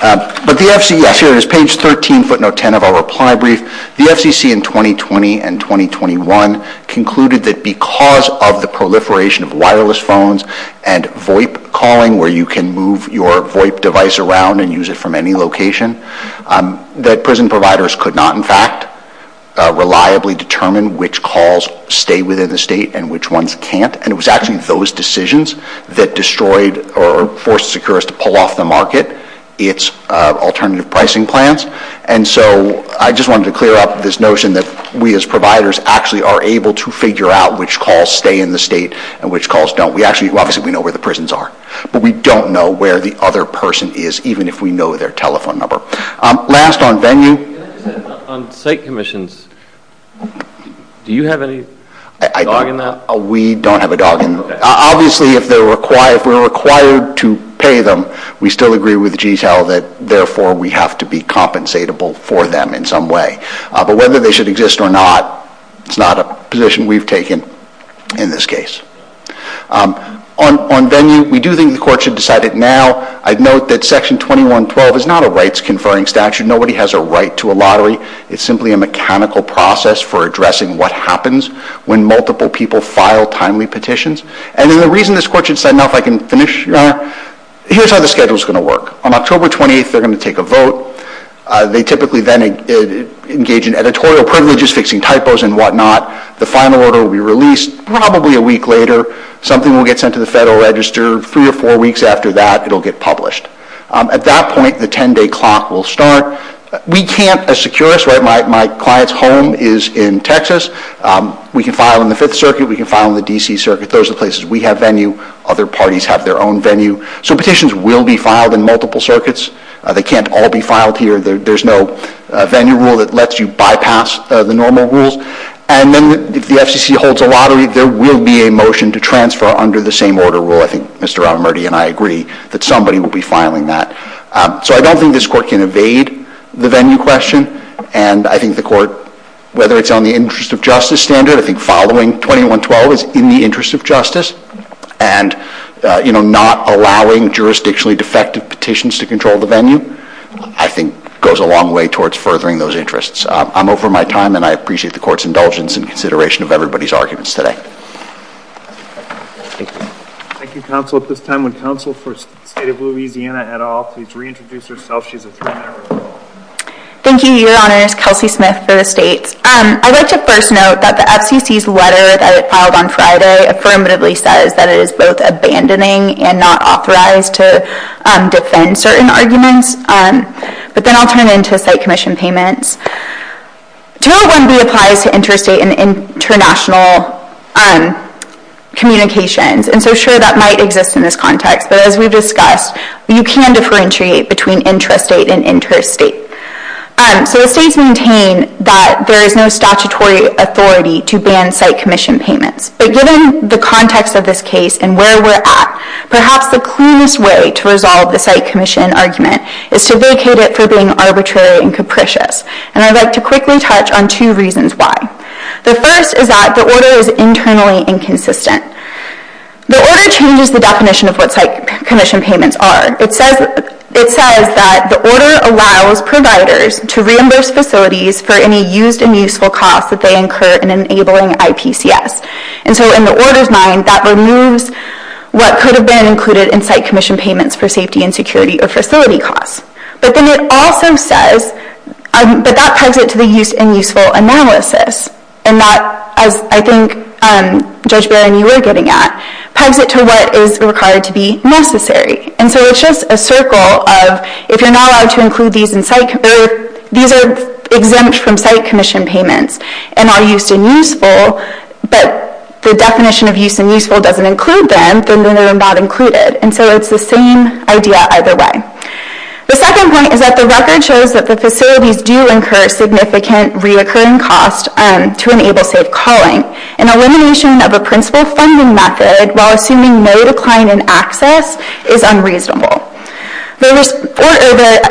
But the FCC, I see there's page 13, footnote 10 of our reply brief. The FCC in 2020 and 2021 concluded that because of the proliferation of wireless phones and VoIP calling, where you can move your VoIP device around and use it from any location, that prison providers could not, in fact, reliably determine which calls stay within the state and which ones can't. And it was actually those decisions that destroyed or forced Securus to pull off the market its alternative pricing plans. And so I just wanted to clear up this notion that we as providers actually are able to figure out which calls stay in the state and which calls don't. Obviously, we know where the prisons are, but we don't know where the other person is, even if we know their telephone number. Last, on venue. On state commissions, do you have any dog in that? We don't have a dog in that. Obviously, if we're required to pay them, we still agree with G's hell that, therefore, we have to be compensatable for them in some way. But whether they should exist or not, it's not a position we've taken in this case. On venue, we do think the court should decide it now. I'd note that Section 2112 is not a rights-conferring statute. Nobody has a right to a lottery. It's simply a mechanical process for addressing what happens when multiple people file timely petitions. And the reason this court should decide now if I can finish, Your Honor, here's how the schedule's going to work. On October 28th, they're going to take a vote. They typically then engage in editorial privileges, fixing typos and whatnot. The final order will be released probably a week later. Something will get sent to the Federal Register. Three or four weeks after that, it'll get published. At that point, the 10-day clock will start. We can't, as securists, right? My client's home is in Texas. We can file in the Fifth Circuit. We can file in the D.C. Circuit. Those are the places we have venue. Other parties have their own venue. So petitions will be filed in multiple circuits. They can't all be filed here. There's no venue rule that lets you bypass the normal rule. And then if the FCC holds a lottery, there will be a motion to transfer under the same order rule. I think Mr. Romerty and I agree that somebody will be filing that. So I don't think this court can evade the venue question, and I think the court, whether it's on the interest of justice standard, I think filing 2112 is in the interest of justice, and not allowing jurisdictionally defective petitions to control the venue, I think goes a long way towards furthering those interests. I'm over my time, and I appreciate the court's indulgence in consideration of everybody's arguments today. Thank you, counsel. At this time, when counsel for State of Louisiana had off, please reintroduce yourself. Thank you, Your Honor. Kelsey Smith for the State. I'd like to first note that the FCC's letter that was filed on Friday affirmatively says that it is both abandoning and not authorized to defend certain arguments. But then I'll turn it into a State commission payment. Generally, we apply to interstate and international communications, and so sure, that might exist in this context. But as we've discussed, you can differentiate between intrastate and interstate. So the States maintain that there is no statutory authority to ban site commission payments. But given the context of this case and where we're at, perhaps the clearest way to resolve the site commission argument is to vacate it for being arbitrary and capricious. And I'd like to quickly touch on two reasons why. The first is that the order is internally inconsistent. The order changes the definition of what site commission payments are. It says that the order allows providers to reimburse facilities for any used and useful costs that they incur in enabling ITCS. And so in the order's mind, that removes what could have been included in site commission payments for safety and security or facility costs. But then it also says that that ties into the used and useful analysis. And that, I think, Judge Barron, you were getting at, ties into what is required to be necessary. And so it's just a circle of if you're not allowed to include these in site, these are exempt from site commission payments and are used and useful, but the definition of used and useful doesn't include them, then they're not included. And so it's the same idea either way. The second point is that the record shows that the facilities do incur significant reoccurring costs to enable safe calling. And elimination of a principal funding method, while assuming no decline in access, is unreasonable. The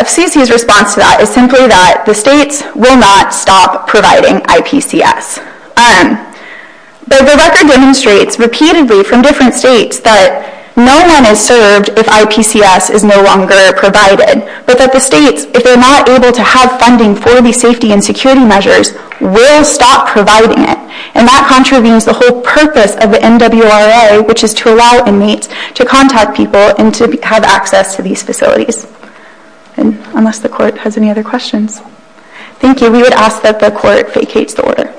CQ's response to that is simply that the states will not stop providing IPCS. But the record demonstrates repeatedly from different states that no one is served if IPCS is no longer provided. But that the states, if they're not able to have funding for these safety and security measures, will stop providing it. And that contravenes the whole purpose of the NWRA, which is to allow inmates to contact people and to have access to these facilities. Unless the court has any other questions. Thank you. We would ask that the court vacate the order.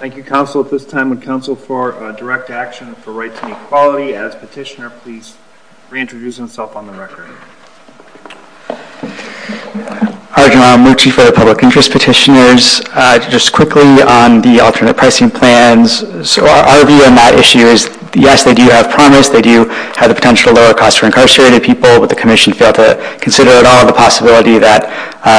Thank you, counsel, at this time. And counsel for direct action for rights and equality. As petitioner, please reintroduce himself on the record. Arjun Ramurti for the Public Interest Petitioners. Just quickly on the alternate pricing plans. So our view on that issue is, yes, they do have commerce. They do have the potential to lower costs for incarcerated people. But the commission failed to consider at all the possibility that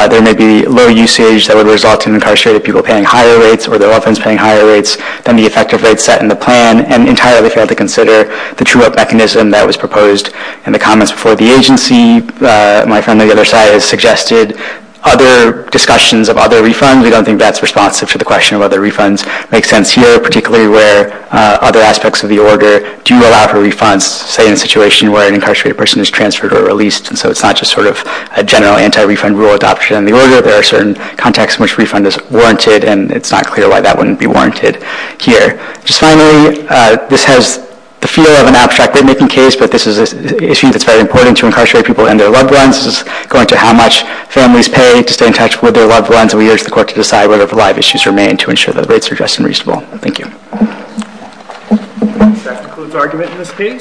there may be low usage that would result in incarcerated people paying higher rates or their loved ones paying higher rates than the effective rate set in the plan, and entirely failed to consider the true vote mechanism that was proposed in the comments before the agency. My friend on the other side has suggested other discussions of other refunds. We don't think that's responsive to the question of whether refunds make sense here, particularly where other aspects of the order do allow for refunds, say in a situation where an incarcerated person is transferred or released. And so it's not just sort of a general anti-refund rule adopted in the order. There are certain contexts in which refund is warranted, and it's not clear why that wouldn't be warranted here. Finally, this has the feel of an abstract remaking case, but this is an issue that's very important to incarcerated people and their loved ones. This is going to how much families pay to stay in touch with their loved ones, and we urge the court to decide whether the live issues remain to ensure the rates are just and reasonable. Thank you. That concludes the argument in this case.